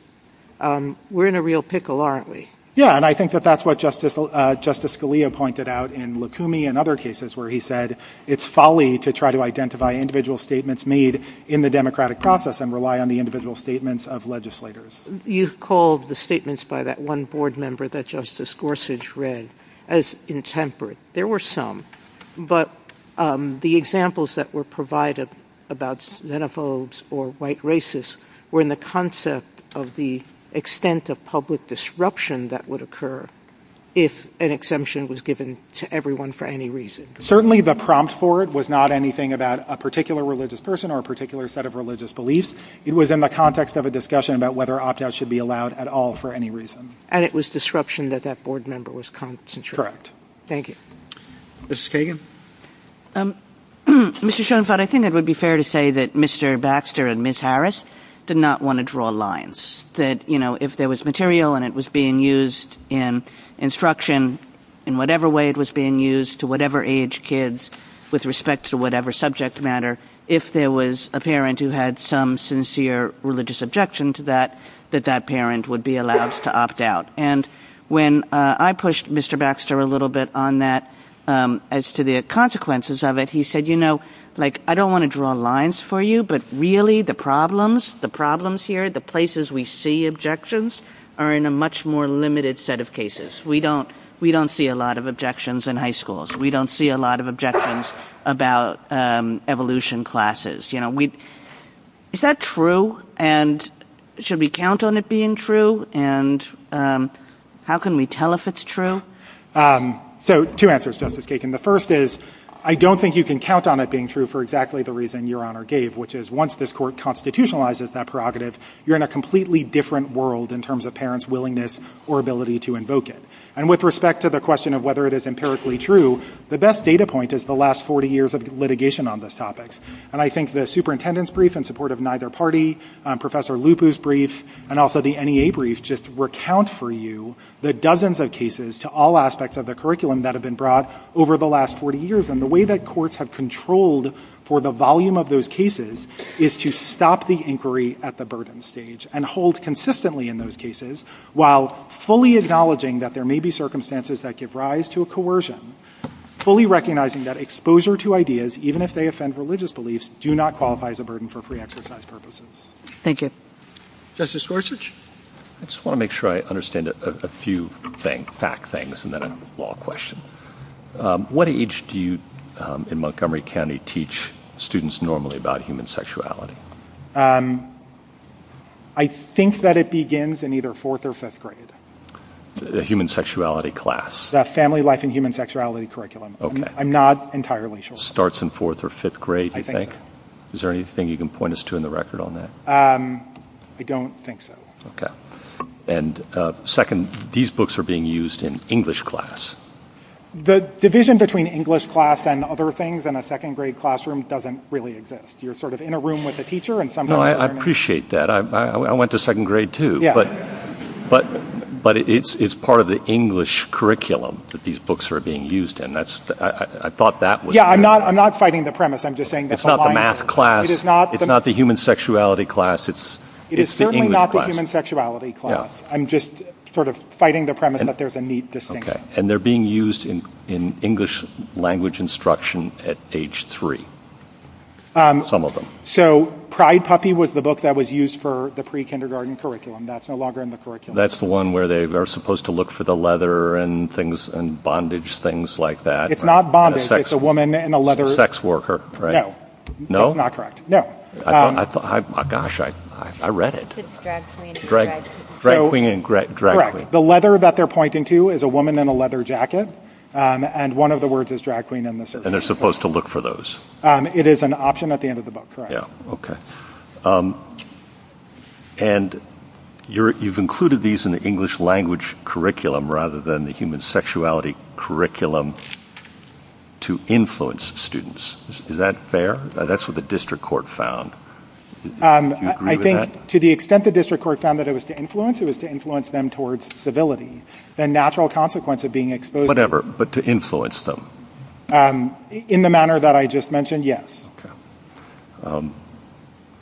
we're in a real pickle, aren't we? Yeah. And I think that that's what Justice Scalia pointed out in Lukumi and other cases where he said it's folly to try to identify individual statements made in the democratic process and rely on the individual statements of legislators. You've called the statements by that one board member that Justice Gorsuch read as intemperate. There were some, but the examples that were provided about xenophobes or white racists were in the concept of the extent of public disruption that would occur if an exemption was given to everyone for any reason. Certainly, the prompt for it was not anything about a particular religious person or a particular set of religious beliefs. It was in the context of a discussion about whether opt-outs should be allowed at all for any reason. And it was disruption that that board member was concentrating. Thank you. Justice Kagan? Mr. Schoenfeld, I think it would be fair to say that Mr. Baxter and Ms. Harris did not want to draw lines, that if there was material and it was being used in instruction in whatever way it was being used to whatever age kids with respect to whatever subject matter, if there was a parent who had some sincere religious objection to that, that that parent would be allowed to opt out. And when I pushed Mr. Baxter a little bit on that as to the consequences of it, he said, you know, like, I don't want to draw lines for you, but really the problems, the problems here, the places we see objections are in a much more limited set of cases. We don't see a lot of objections in high schools. We don't see a lot of objections about evolution classes. You know, is that true? And should we count on it being true? And how can we tell if it's true? So two answers, Justice Kagan. The first is, I don't think you can count on it being true for exactly the reason Your Honor gave, which is once this court constitutionalizes that prerogative, you're in a completely different world in terms of parents' willingness or ability to invoke it. And with respect to the question of whether it is empirically true, the best data point is the last 40 years of litigation on this topic. And I think the superintendent's brief in support of neither party, Professor Lupu's brief, and also the NEA brief just recount for you the dozens of cases to all aspects of the curriculum that have been brought over the last 40 years. And the way that courts have controlled for the volume of those cases is to stop the inquiry at the burden stage and hold consistently in those cases while fully acknowledging that there may be circumstances that give rise to a coercion, fully recognizing that exposure to ideas, even if they offend religious beliefs, do not qualify as a burden for free exercise purposes. Thank you. Justice Gorsuch. I just want to make sure I understand a few fact things and then a law question. What age do you in Montgomery County teach students normally about human sexuality? I think that it begins in either fourth or fifth grade. A human sexuality class? Family life and human sexuality curriculum. I'm not entirely sure. Starts in fourth or fifth grade, you think? Is there anything you can point us to in the record on that? I don't think so. Okay. And second, these books are being used in English class. The division between English class and other things in a second grade classroom doesn't really exist. You're sort of in a room with a teacher and somebody's learning. I appreciate that. I went to second grade too. But it's part of the English curriculum that these books are being used in. That's, I thought that was. Yeah, I'm not fighting the premise. I'm just saying. It's not the math class. It is not. It's not the human sexuality class. It's the English class. It is certainly not the human sexuality class. I'm just sort of fighting the premise that there's a neat distinction. Okay. And they're being used in English language instruction at age three. Some of them. So, Pride Puppy was the book that was used for the pre-kindergarten curriculum. That's no longer in the curriculum. That's the one where they are supposed to look for the leather and things and bondage, things like that. It's not bondage. It's a woman in a leather. Sex worker, right? No. No? That's not correct. No. Gosh, I read it. It's drag queen and drag queen. The leather that they're pointing to is a woman in a leather jacket. And one of the words is drag queen. And they're supposed to look for those. It is an option at the end of the book. Yeah. Okay. And you've included these in the English language curriculum rather than the human sexuality curriculum to influence students. Is that fair? That's what the district court found. I think to the extent the district court found that it was to influence, it was to influence them towards civility. The natural consequence of being exposed. Whatever. But to influence them. In the manner that I just mentioned, yes.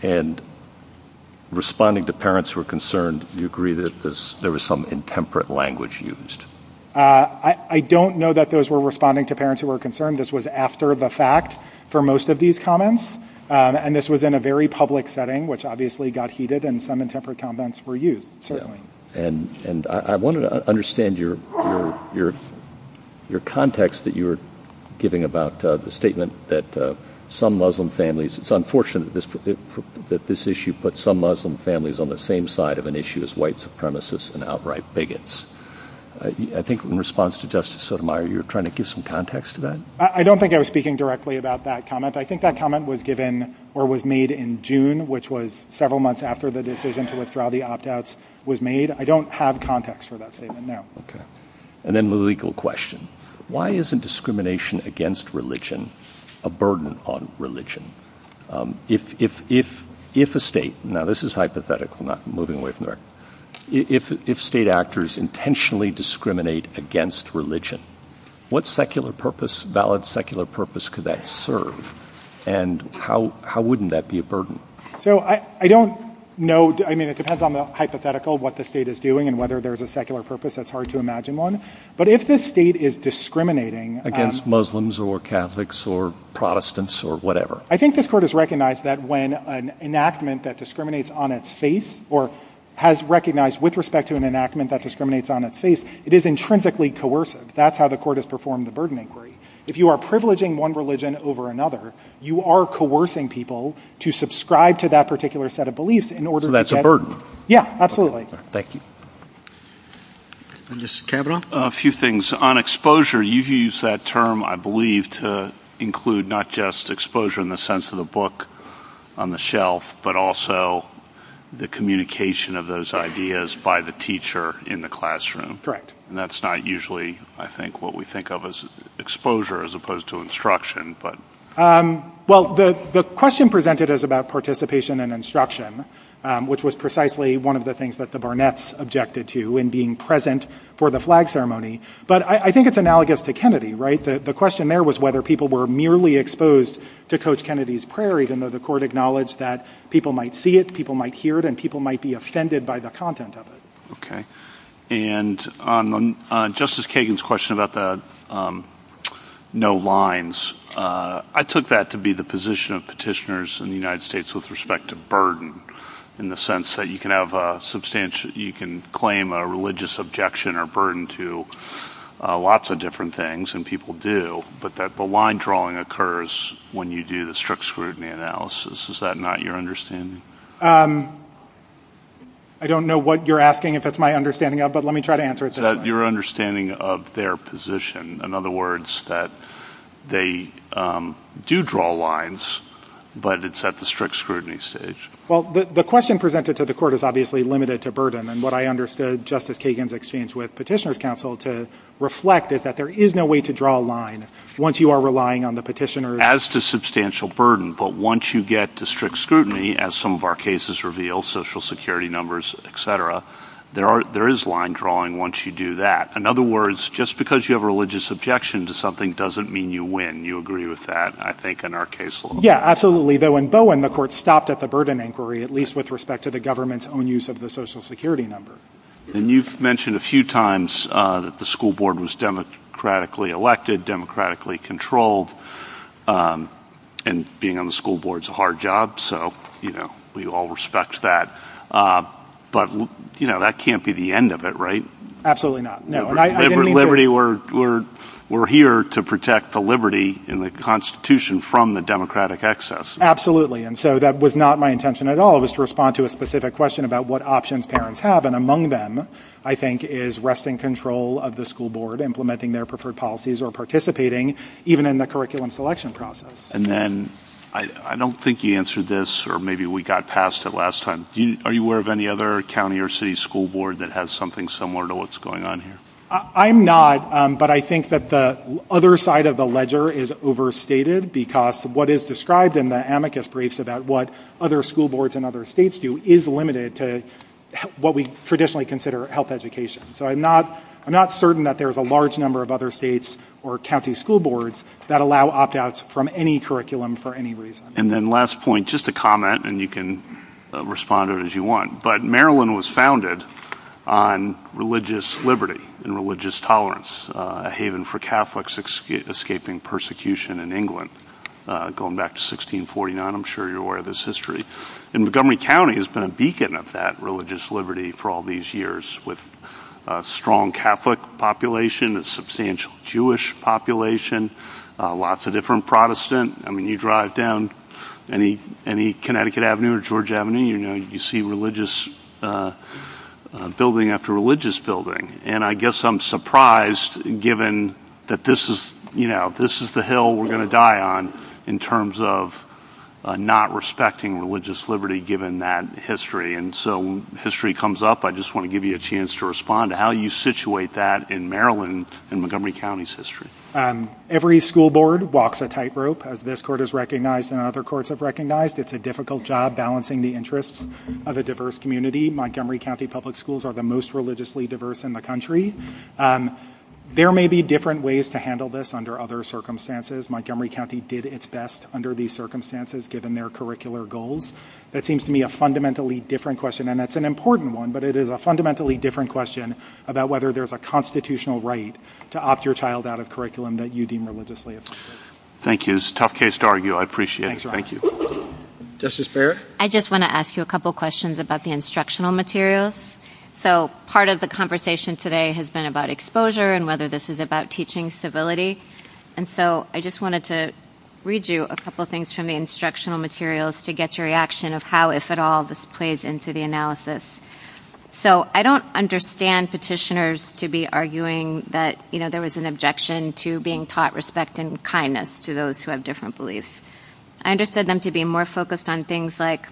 And responding to parents who are concerned, do you agree that there was some intemperate language used? I don't know that those were responding to parents who were concerned. This was after the fact for most of these comments. And this was in a very public setting, which obviously got heated. And some intemperate comments were used, certainly. And I want to understand your context that you were giving about the statement that some Muslim families, it's unfortunate that this issue put some Muslim families on the same side of an issue as white supremacists and outright bigots. I think in response to Justice Sotomayor, you're trying to give some context to that. I don't think I was speaking directly about that comment. I think that comment was given or was made in June, which was several months after the decision to withdraw the opt-outs was made. I don't have context for that statement there. Okay. And then the legal question. Why isn't discrimination against religion a burden on religion? If a state, now this is hypothetical, not moving away from there, if state actors intentionally discriminate against religion, what secular purpose, valid secular purpose could that serve? And how wouldn't that be a burden? So I don't know. I mean, it depends on the hypothetical, what the state is doing and whether there's a secular purpose. That's hard to imagine one. But if this state is discriminating against Muslims or Catholics or Protestants or whatever, I think this court has recognized that when an enactment that discriminates on its face or has recognized with respect to an enactment that discriminates on its face, it is intrinsically coercive. That's how the court has performed the burden inquiry. If you are privileging one religion over another, you are coercing people to subscribe to that particular set of beliefs in order. That's a burden. Yeah, absolutely. Thank you. Mr. Cabot? A few things on exposure. You use that term, I believe, to include not just exposure in the sense of the book on the shelf, but also the communication of those ideas by the teacher in the classroom. Correct. And that's not usually, I think, what we think of as exposure as opposed to instruction. But well, the question presented is about participation and instruction, which was precisely one of the things that the Barnetts objected to in being present for the flag ceremony. But I think it's analogous to Kennedy, right? The question there was whether people were merely exposed to Coach Kennedy's prayer, even though the court acknowledged that people might see it, people might hear it, and people might be offended by the content of it. Okay. And on Justice Kagan's question about the no lines, I took that to be the position of petitioners in the United States with respect to burden, in the sense that you can claim a religious objection or burden to lots of different things, and people do, but that the line drawing occurs when you do the strict scrutiny analysis. Is that not your understanding? I don't know what you're asking, if that's my understanding of it, but let me try to answer it this way. Your understanding of their position. In other words, that they do draw lines, but it's at the strict scrutiny stage. Well, the question presented to the court is obviously limited to burden. And what I understood Justice Kagan's exchange with petitioners counsel to reflect is that there is no way to draw a line once you are relying on the petitioners. As to substantial burden, but once you get to strict scrutiny, as some of our cases reveal, social security numbers, et cetera, there is line drawing once you do that. In other words, just because you have a religious objection to something doesn't mean you win. You agree with that, I think, in our case? Yeah, absolutely. Though in Bowen, the court stopped at the burden inquiry, at least with respect to the government's own use of the social security number. And you've mentioned a few times that the school board was democratically elected, democratically controlled, and being on the school board is a hard job. So, you know, we all respect that. But, you know, that can't be the end of it, right? Absolutely not. No. And liberty, we're here to protect the liberty in the Constitution from the democratic excess. And so that was not my intention at all, was to respond to a specific question about what options parents have. And among them, I think, is resting control of the school board, implementing their preferred policies or participating, even in the curriculum selection process. And then I don't think he answered this, or maybe we got past it last time. Are you aware of any other county or city school board that has something similar to what's going on here? I'm not. But I think that the other side of the ledger is overstated because what is described in the amicus briefs about what other school boards in other states do is limited to what we traditionally consider health education. So I'm not certain that there's a large number of other states or county school boards that allow opt-outs from any curriculum for any reason. And then last point, just a comment, and you can respond to it as you want. But Maryland was founded on religious liberty and religious tolerance, a haven for Catholics escaping persecution in England going back to 1649. I'm sure you're aware of this history. And Montgomery County has been a beacon of that religious liberty for all these years with a strong Catholic population, a substantial Jewish population, lots of different Protestant. I mean, you drive down any Connecticut Avenue or George Avenue, you see religious building after religious building. And I guess I'm surprised given that this is the hill we're going to die on in terms of not respecting religious liberty given that history. And so when history comes up, I just want to give you a chance to respond to how you situate that in Maryland and Montgomery County's history. Every school board walks a tightrope, as this court has recognized and other courts have It's a difficult job balancing the interests of a diverse community. Montgomery County Public Schools are the most religiously diverse in the country. There may be different ways to handle this under other circumstances. Montgomery County did its best under these circumstances given their curricular goals. That seems to me a fundamentally different question. And it's an important one, but it is a fundamentally different question about whether there's a constitutional right to opt your child out of curriculum that you deem religiously. Thank you. It's a tough case to argue. I appreciate it. Thank you. Justice Baird. I just want to ask you a couple of questions about the instructional materials. So part of the conversation today has been about exposure and whether this is about teaching civility. And so I just wanted to read you a couple of things from the instructional materials to get your reaction of how, if at all, this plays into the analysis. So I don't understand petitioners to be arguing that, you know, there was an objection to being taught respect and kindness to those who have different beliefs. I understood them to be more focused on things like,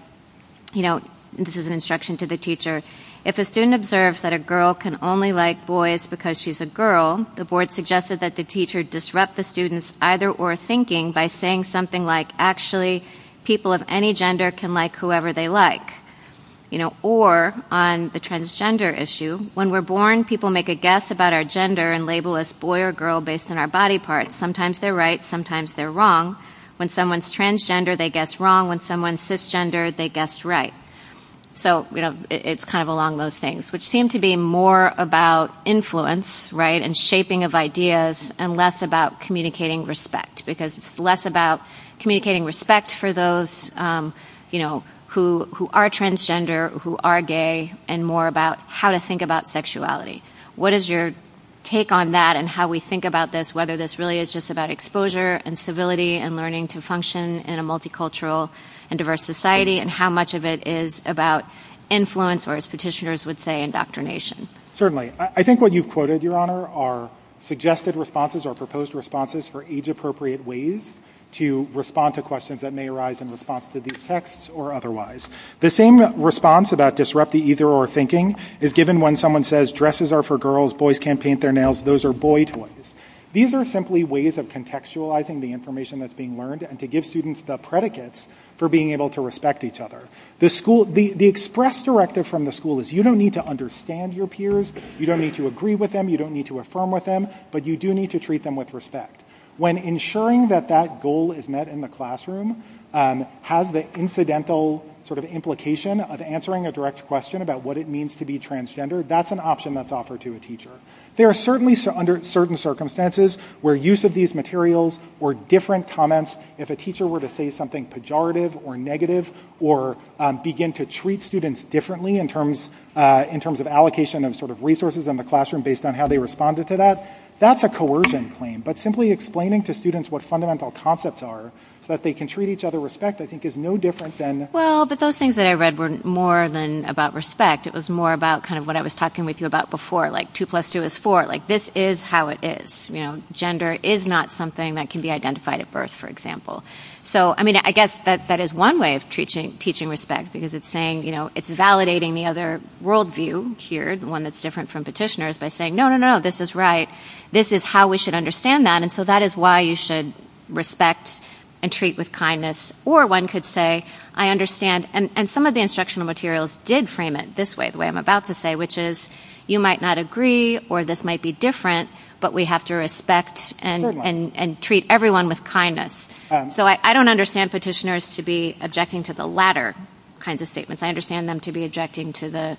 you know, this is an instruction to the teacher. If a student observes that a girl can only like boys because she's a girl, the board suggested that the teacher disrupt the student's either or thinking by saying something like actually people of any gender can like whoever they like. You know, or on the transgender issue, when we're born, people make a guess about our gender and label us boy or girl based on our body part. Sometimes they're right. Sometimes they're wrong. When someone's transgender, they guess wrong. When someone's cisgender, they guess right. So, you know, it's kind of along those things, which seem to be more about influence, right, and shaping of ideas and less about communicating respect because it's less about communicating respect for those, you know, who are transgender, who are gay, and more about how to think about sexuality. What is your take on that and how we think about this, whether this really is just about exposure and civility and learning to function in a multicultural and diverse society and how much of it is about influence or, as petitioners would say, indoctrination? Certainly. I think what you've quoted, Your Honor, are suggested responses or proposed responses for age-appropriate ways to respond to questions that may arise in response to these texts or otherwise. The same response about disrupting either or thinking is given when someone says, Dresses are for girls. Boys can't paint their nails. Those are boy toys. These are simply ways of contextualizing the information that's being learned and to give students the predicates for being able to respect each other. The school, the express directive from the school is you don't need to understand your You don't need to agree with them. You don't need to affirm with them. But you do need to treat them with respect. When ensuring that that goal is met in the classroom has the incidental sort of implication of answering a direct question about what it means to be transgender, that's an option that's offered to a teacher. There are certainly under certain circumstances where use of these materials or different comments, if a teacher were to say something pejorative or negative or begin to treat students differently in terms of allocation of sort of resources in the classroom based on how they responded to that, that's a coercion claim. But simply explaining to students what fundamental concepts are so that they can treat each other with respect I think is no different than Well, but those things that I read were more than about respect. It was more about kind of what I was talking with you about before, like two plus two is four. Like this is how it is. You know, gender is not something that can be identified at birth, for example. So, I mean, I guess that that is one way of teaching respect because it's saying, you know, it's validating the other worldview here, the one that's different from petitioners by saying, no, no, no, this is right. This is how we should understand that. And so that is why you should respect and treat with kindness. Or one could say, I understand, and some of the instructional materials did frame it this way, the way I'm about to say, which is you might not agree or this might be different, but we have to respect and treat everyone with kindness. So I don't understand petitioners to be objecting to the latter kinds of statements. I understand them to be objecting to the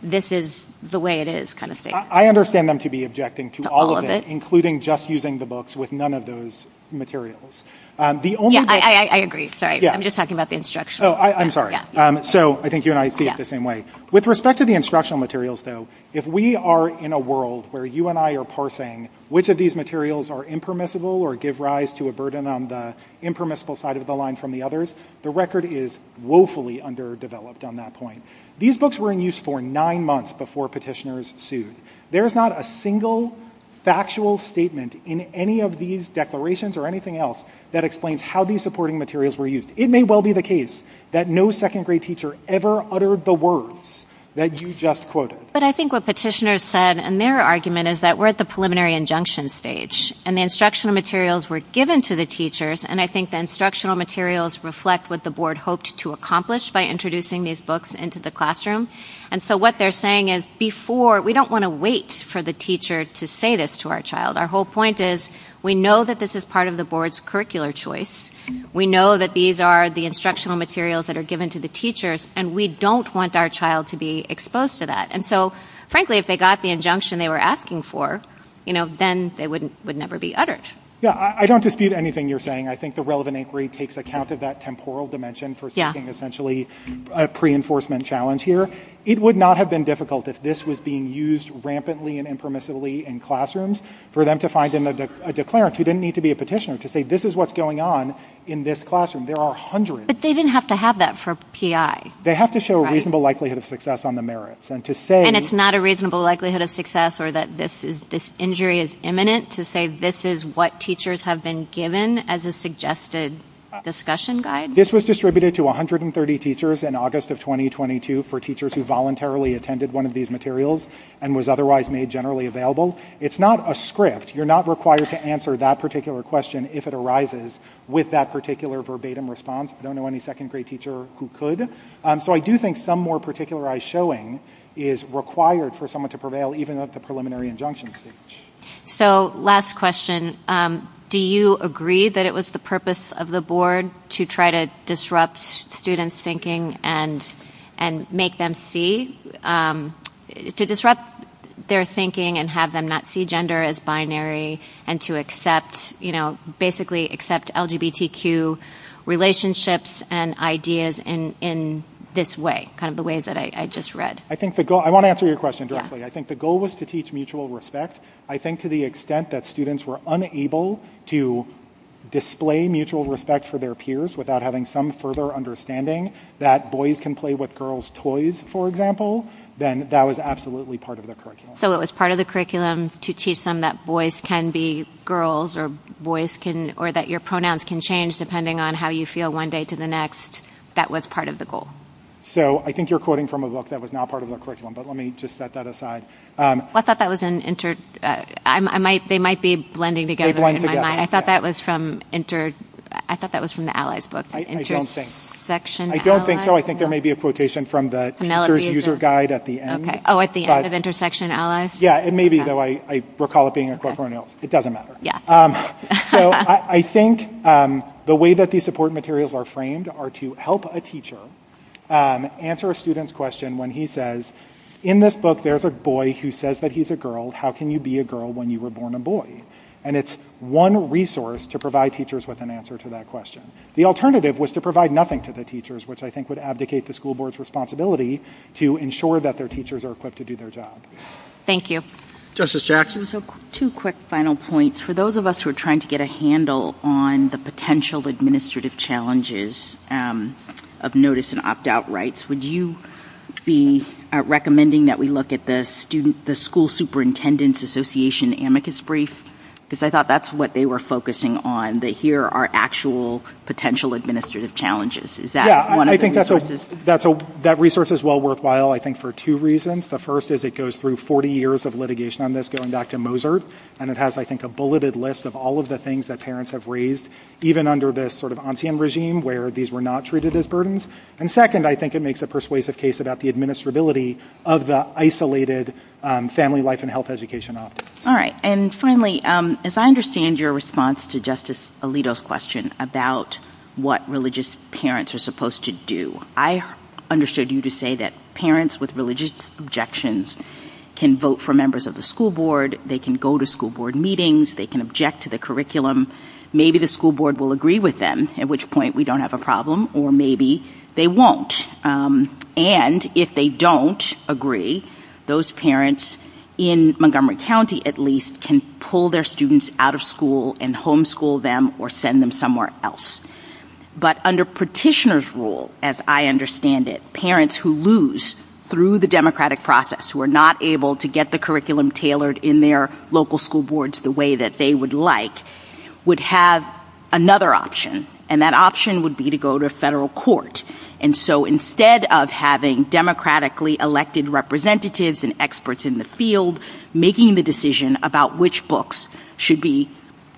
this is the way it is kind of thing. I understand them to be objecting to all of it, including just using the books with none of those materials. The only I agree. So I'm just talking about the instruction. So I'm sorry. So I think you and I see it the same way. With respect to the instructional materials, though, if we are in a world where you and I are parsing, which of these materials are impermissible or give rise to a burden on the impermissible side of the line from the others, the record is woefully underdeveloped on that point. These books were in use for nine months before petitioners sued. There's not a single factual statement in any of these declarations or anything else that explains how these supporting materials were used. It may well be the case that no second grade teacher ever uttered the words that you just quoted. But I think what petitioners said and their argument is that we're at the preliminary injunction stage and the instructional materials were given to the teachers. And I think the instructional materials reflect what the board hoped to accomplish by introducing these books into the classroom. And so what they're saying is before, we don't want to wait for the teacher to say this to our child. Our whole point is we know that this is part of the board's curricular choice. We know that these are the instructional materials that are given to the teachers and we don't want our child to be exposed to that. And so, frankly, if they got the injunction they were asking for, you know, then it would never be uttered. Yeah, I don't dispute anything you're saying. I think the relevant inquiry takes account of that temporal dimension for something essentially a pre-enforcement challenge here. It would not have been difficult if this was being used rampantly and impermissibly in classrooms for them to find a declarant who didn't need to be a petitioner to say this is what's going on in this classroom. There are hundreds. But they didn't have to have that for PI. They have to show a reasonable likelihood of success on the merits. And it's not a reasonable likelihood of success or that this injury is imminent to say this is what teachers have been given as a suggested discussion guide? This was distributed to 130 teachers in August of 2022 for teachers who voluntarily attended one of these materials and was otherwise made generally available. It's not a script. You're not required to answer that particular question if it arises with that particular verbatim response. I don't know any second grade teacher who could. So I do think some more particularized showing is required for someone to prevail even if the preliminary injunction is taken. So last question, do you agree that it was the purpose of the board to try to disrupt students' thinking and make them see, to disrupt their thinking and have them not see gender as binary and to accept, you know, basically accept LGBTQ relationships and ideas in this way, kind of the ways that I just read? I think the goal, I want to answer your question directly. I think the goal was to teach mutual respect. I think to the extent that students were unable to display mutual respect for their peers without having some further understanding that boys can play with girls' toys, for example, then that was absolutely part of the curriculum. So it was part of the curriculum to teach them that boys can be girls or boys can, or that your pronouns can change depending on how you feel one day to the next. That was part of the goal. So I think you're quoting from a book that was not part of the curriculum, but let me just set that aside. I thought that was in, they might be blending together in my mind. I thought that was from, I thought that was from the Allies book, Intersection Allies. I don't think so. I think there may be a quotation from the teacher's user guide at the end. Oh, at the end of Intersection Allies? Yeah, it may be though. I recall it being a quote from someone else. It doesn't matter. So I think the way that these support materials are framed are to help a teacher answer a student's question when he says, in this book, there's a boy who says that he's a How can you be a girl when you were born a boy? And it's one resource to provide teachers with an answer to that question. The alternative was to provide nothing to the teachers, which I think would abdicate the school board's responsibility to ensure that their teachers are equipped to do their job. Thank you. Justice Jackson. So two quick final points for those of us who are trying to get a handle on the potential administrative challenges of notice and opt-out rights. Would you be recommending that we look at the school superintendent's association amicus brief? Because I thought that's what they were focusing on, that here are actual potential administrative challenges. Is that one of the resources? Yeah, I think that resource is well worthwhile, I think, for two reasons. The first is it goes through 40 years of litigation on this, going back to Mozart. And it has, I think, a bulleted list of all of the things that parents have raised, even under this sort of ancien regime, where these were not treated as burdens. And second, I think it makes a persuasive case about the administrability of the isolated family life and health education office. All right. And finally, as I understand your response to Justice Alito's question about what religious parents are supposed to do, I understood you to say that parents with religious objections can vote for members of the school board. They can go to school board meetings. They can object to the curriculum. Maybe the school board will agree with them, at which point we don't have a problem. Or maybe they won't. And if they don't agree, those parents in Montgomery County, at least, can pull their students out of school and homeschool them or send them somewhere else. But under petitioner's rule, as I understand it, parents who lose through the democratic process, who are not able to get the curriculum tailored in their local school boards the way that they would like, would have another option. And that option would be to go to federal court. And so instead of having democratically elected representatives and experts in the field making the decision about which books should be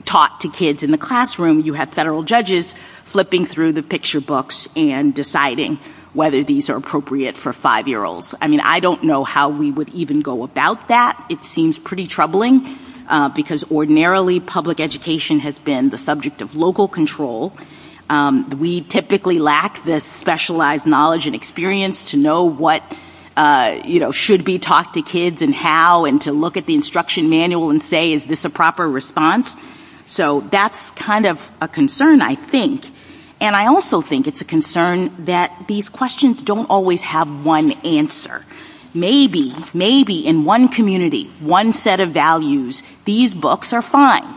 taught to kids in the classroom, you have federal judges flipping through the picture books and deciding whether these are appropriate for five-year-olds. I mean, I don't know how we would even go about that. It seems pretty troubling because ordinarily public education has been the subject of local control. We typically lack this specialized knowledge and experience to know what, you know, should be taught to kids and how and to look at the instruction manual and say, is this a proper response? So that's kind of a concern, I think. And I also think it's a concern that these questions don't always have one answer. Maybe, maybe in one community, one set of values, these books are fine.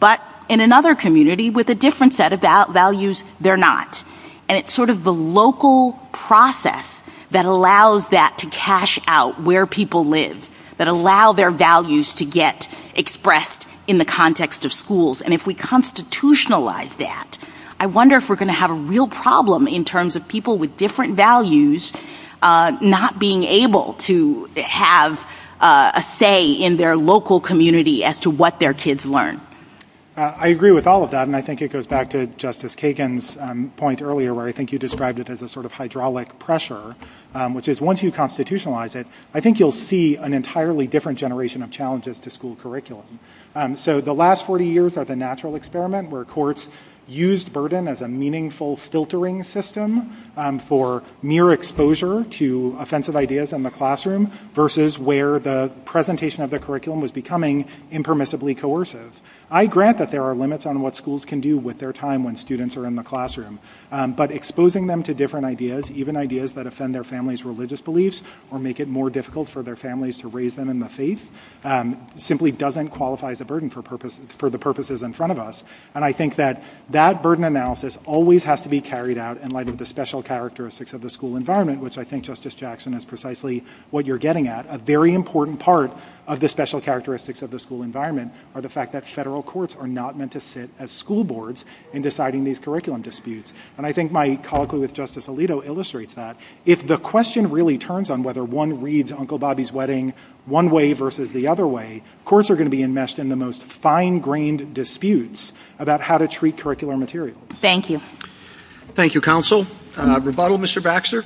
But in another community with a different set of values, they're not. And it's sort of the local process that allows that to cash out where people live, that allow their values to get expressed in the context of schools. And if we constitutionalize that, I wonder if we're going to have a real problem in terms of people with different values not being able to have a say in their local community as to what their kids learn. MR. BARTLETT I agree with all of that. And I think it goes back to Justice Kagan's point earlier where I think you described it as a sort of hydraulic pressure, which is once you constitutionalize it, I think you'll see an entirely different generation of challenges to school curriculum. So the last 40 years are the natural experiment where courts used burden as a meaningful filtering system for mere exposure to offensive ideas in the classroom versus where the presentation of the curriculum was becoming impermissibly coercive. I grant that there are limits on what schools can do with their time when students are in the classroom. But exposing them to different ideas, even ideas that offend their family's religious beliefs or make it more difficult for their families to raise them in the faith, simply doesn't qualify as a burden for the purposes in front of us. And I think that that burden analysis always has to be carried out in light of the special characteristics of the school environment, which I think, Justice Jackson, is precisely what you're getting at. A very important part of the special characteristics of the school environment are the fact that federal courts are not meant to sit as school boards in deciding these curriculum disputes. And I think my colloquy with Justice Alito illustrates that. If the question really turns on whether one reads Uncle Bobby's Wedding one way versus the other way, courts are going to be enmeshed in the most fine-grained disputes about how to treat curricular material. Thank you. Thank you, counsel. Rebuttal, Mr. Baxter?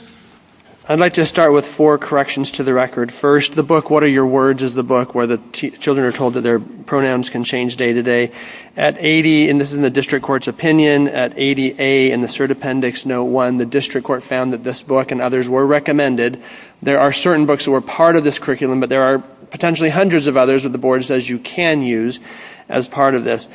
I'd like to start with four corrections to the record. First, the book What Are Your Words is the book where the children are told that their pronouns can change day to day. At 80, and this is in the district court's opinion, at 80A in the cert appendix note one, the district court found that this book and others were recommended. There are certain books that were part of this curriculum, but there are potentially hundreds of others that the board says you can use as part of this.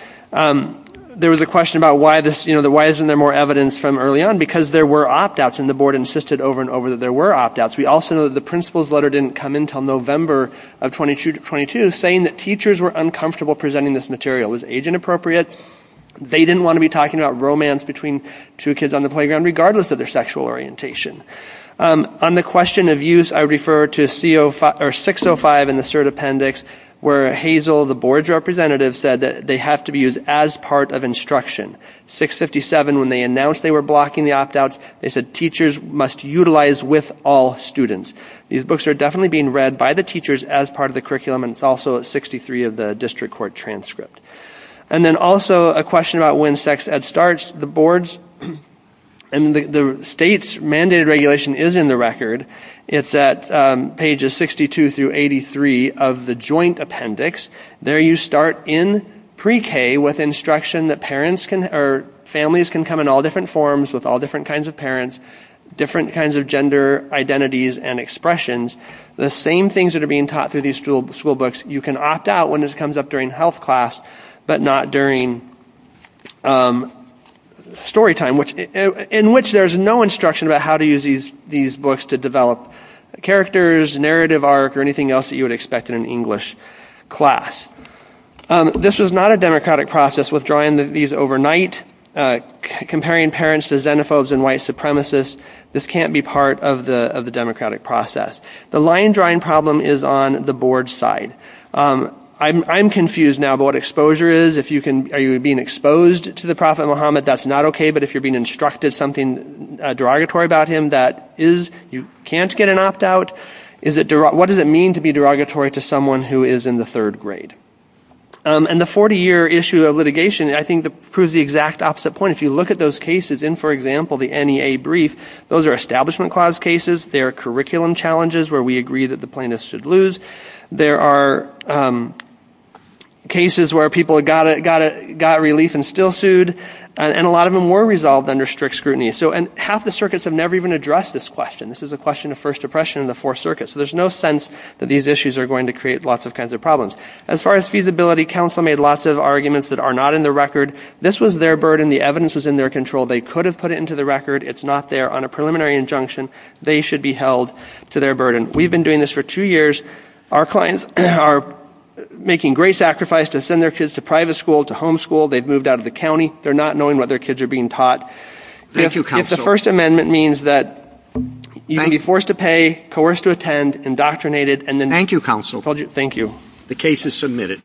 There was a question about why isn't there more evidence from early on? Because there were opt-outs, and the board insisted over and over that there were opt-outs. We also know that the principal's letter didn't come in until November of 2022 saying that teachers were uncomfortable presenting this material. Was age inappropriate? They didn't want to be talking about romance between two kids on the playground regardless of their sexual orientation. On the question of use, I refer to 605 in the cert appendix where Hazel, the board's representative, said that they have to be used as part of instruction. 657, when they announced they were blocking the opt-outs, they said teachers must utilize with all students. These books are definitely being read by the teachers as part of the curriculum, and it's also at 63 of the district court transcript. And then also a question about when sex ed starts. The board's and the state's mandated regulation is in the record. It's at pages 62 through 83 of the joint appendix. There you start in pre-K with instruction that families can come in all different forms with all different kinds of parents, different kinds of gender identities and expressions. The same things that are being taught through these school books, you can opt-out when this comes up during health class, but not during story time, in which there's no instruction about how to use these books to develop characters, narrative arc, or anything else that you would expect in an English class. This is not a democratic process, withdrawing these overnight, comparing parents to xenophobes and white supremacists. This can't be part of the democratic process. The line drawing problem is on the board's side. I'm confused now about what exposure is. If you are being exposed to the Prophet Muhammad, that's not okay, but if you're being instructed something derogatory about him, that is. You can't get an opt-out. What does it mean to be derogatory to someone who is in the third grade? And the 40-year issue of litigation, I think, proves the exact opposite point. If you look at those cases in, for example, the NEA brief, those are Establishment Clause cases. They are curriculum challenges where we agree that the plaintiffs should lose. There are cases where people got relief and still sued, and a lot of them were resolved under strict scrutiny. Half the circuits have never even addressed this question. This is a question of First Depression in the Fourth Circuit, so there's no sense that these issues are going to create lots of kinds of problems. As far as feasibility, counsel made lots of arguments that are not in the record. This was their burden. The evidence was in their control. They could have put it into the record. It's not there. On a preliminary injunction, they should be held to their burden. We've been doing this for two years. Our clients are making great sacrifice to send their kids to private school, to home school. They've moved out of the county. They're not knowing what their kids are being taught. If the First Amendment means that you can be forced to pay, coerced to attend, indoctrinated, and then— Thank you, counsel. Thank you. The case is submitted.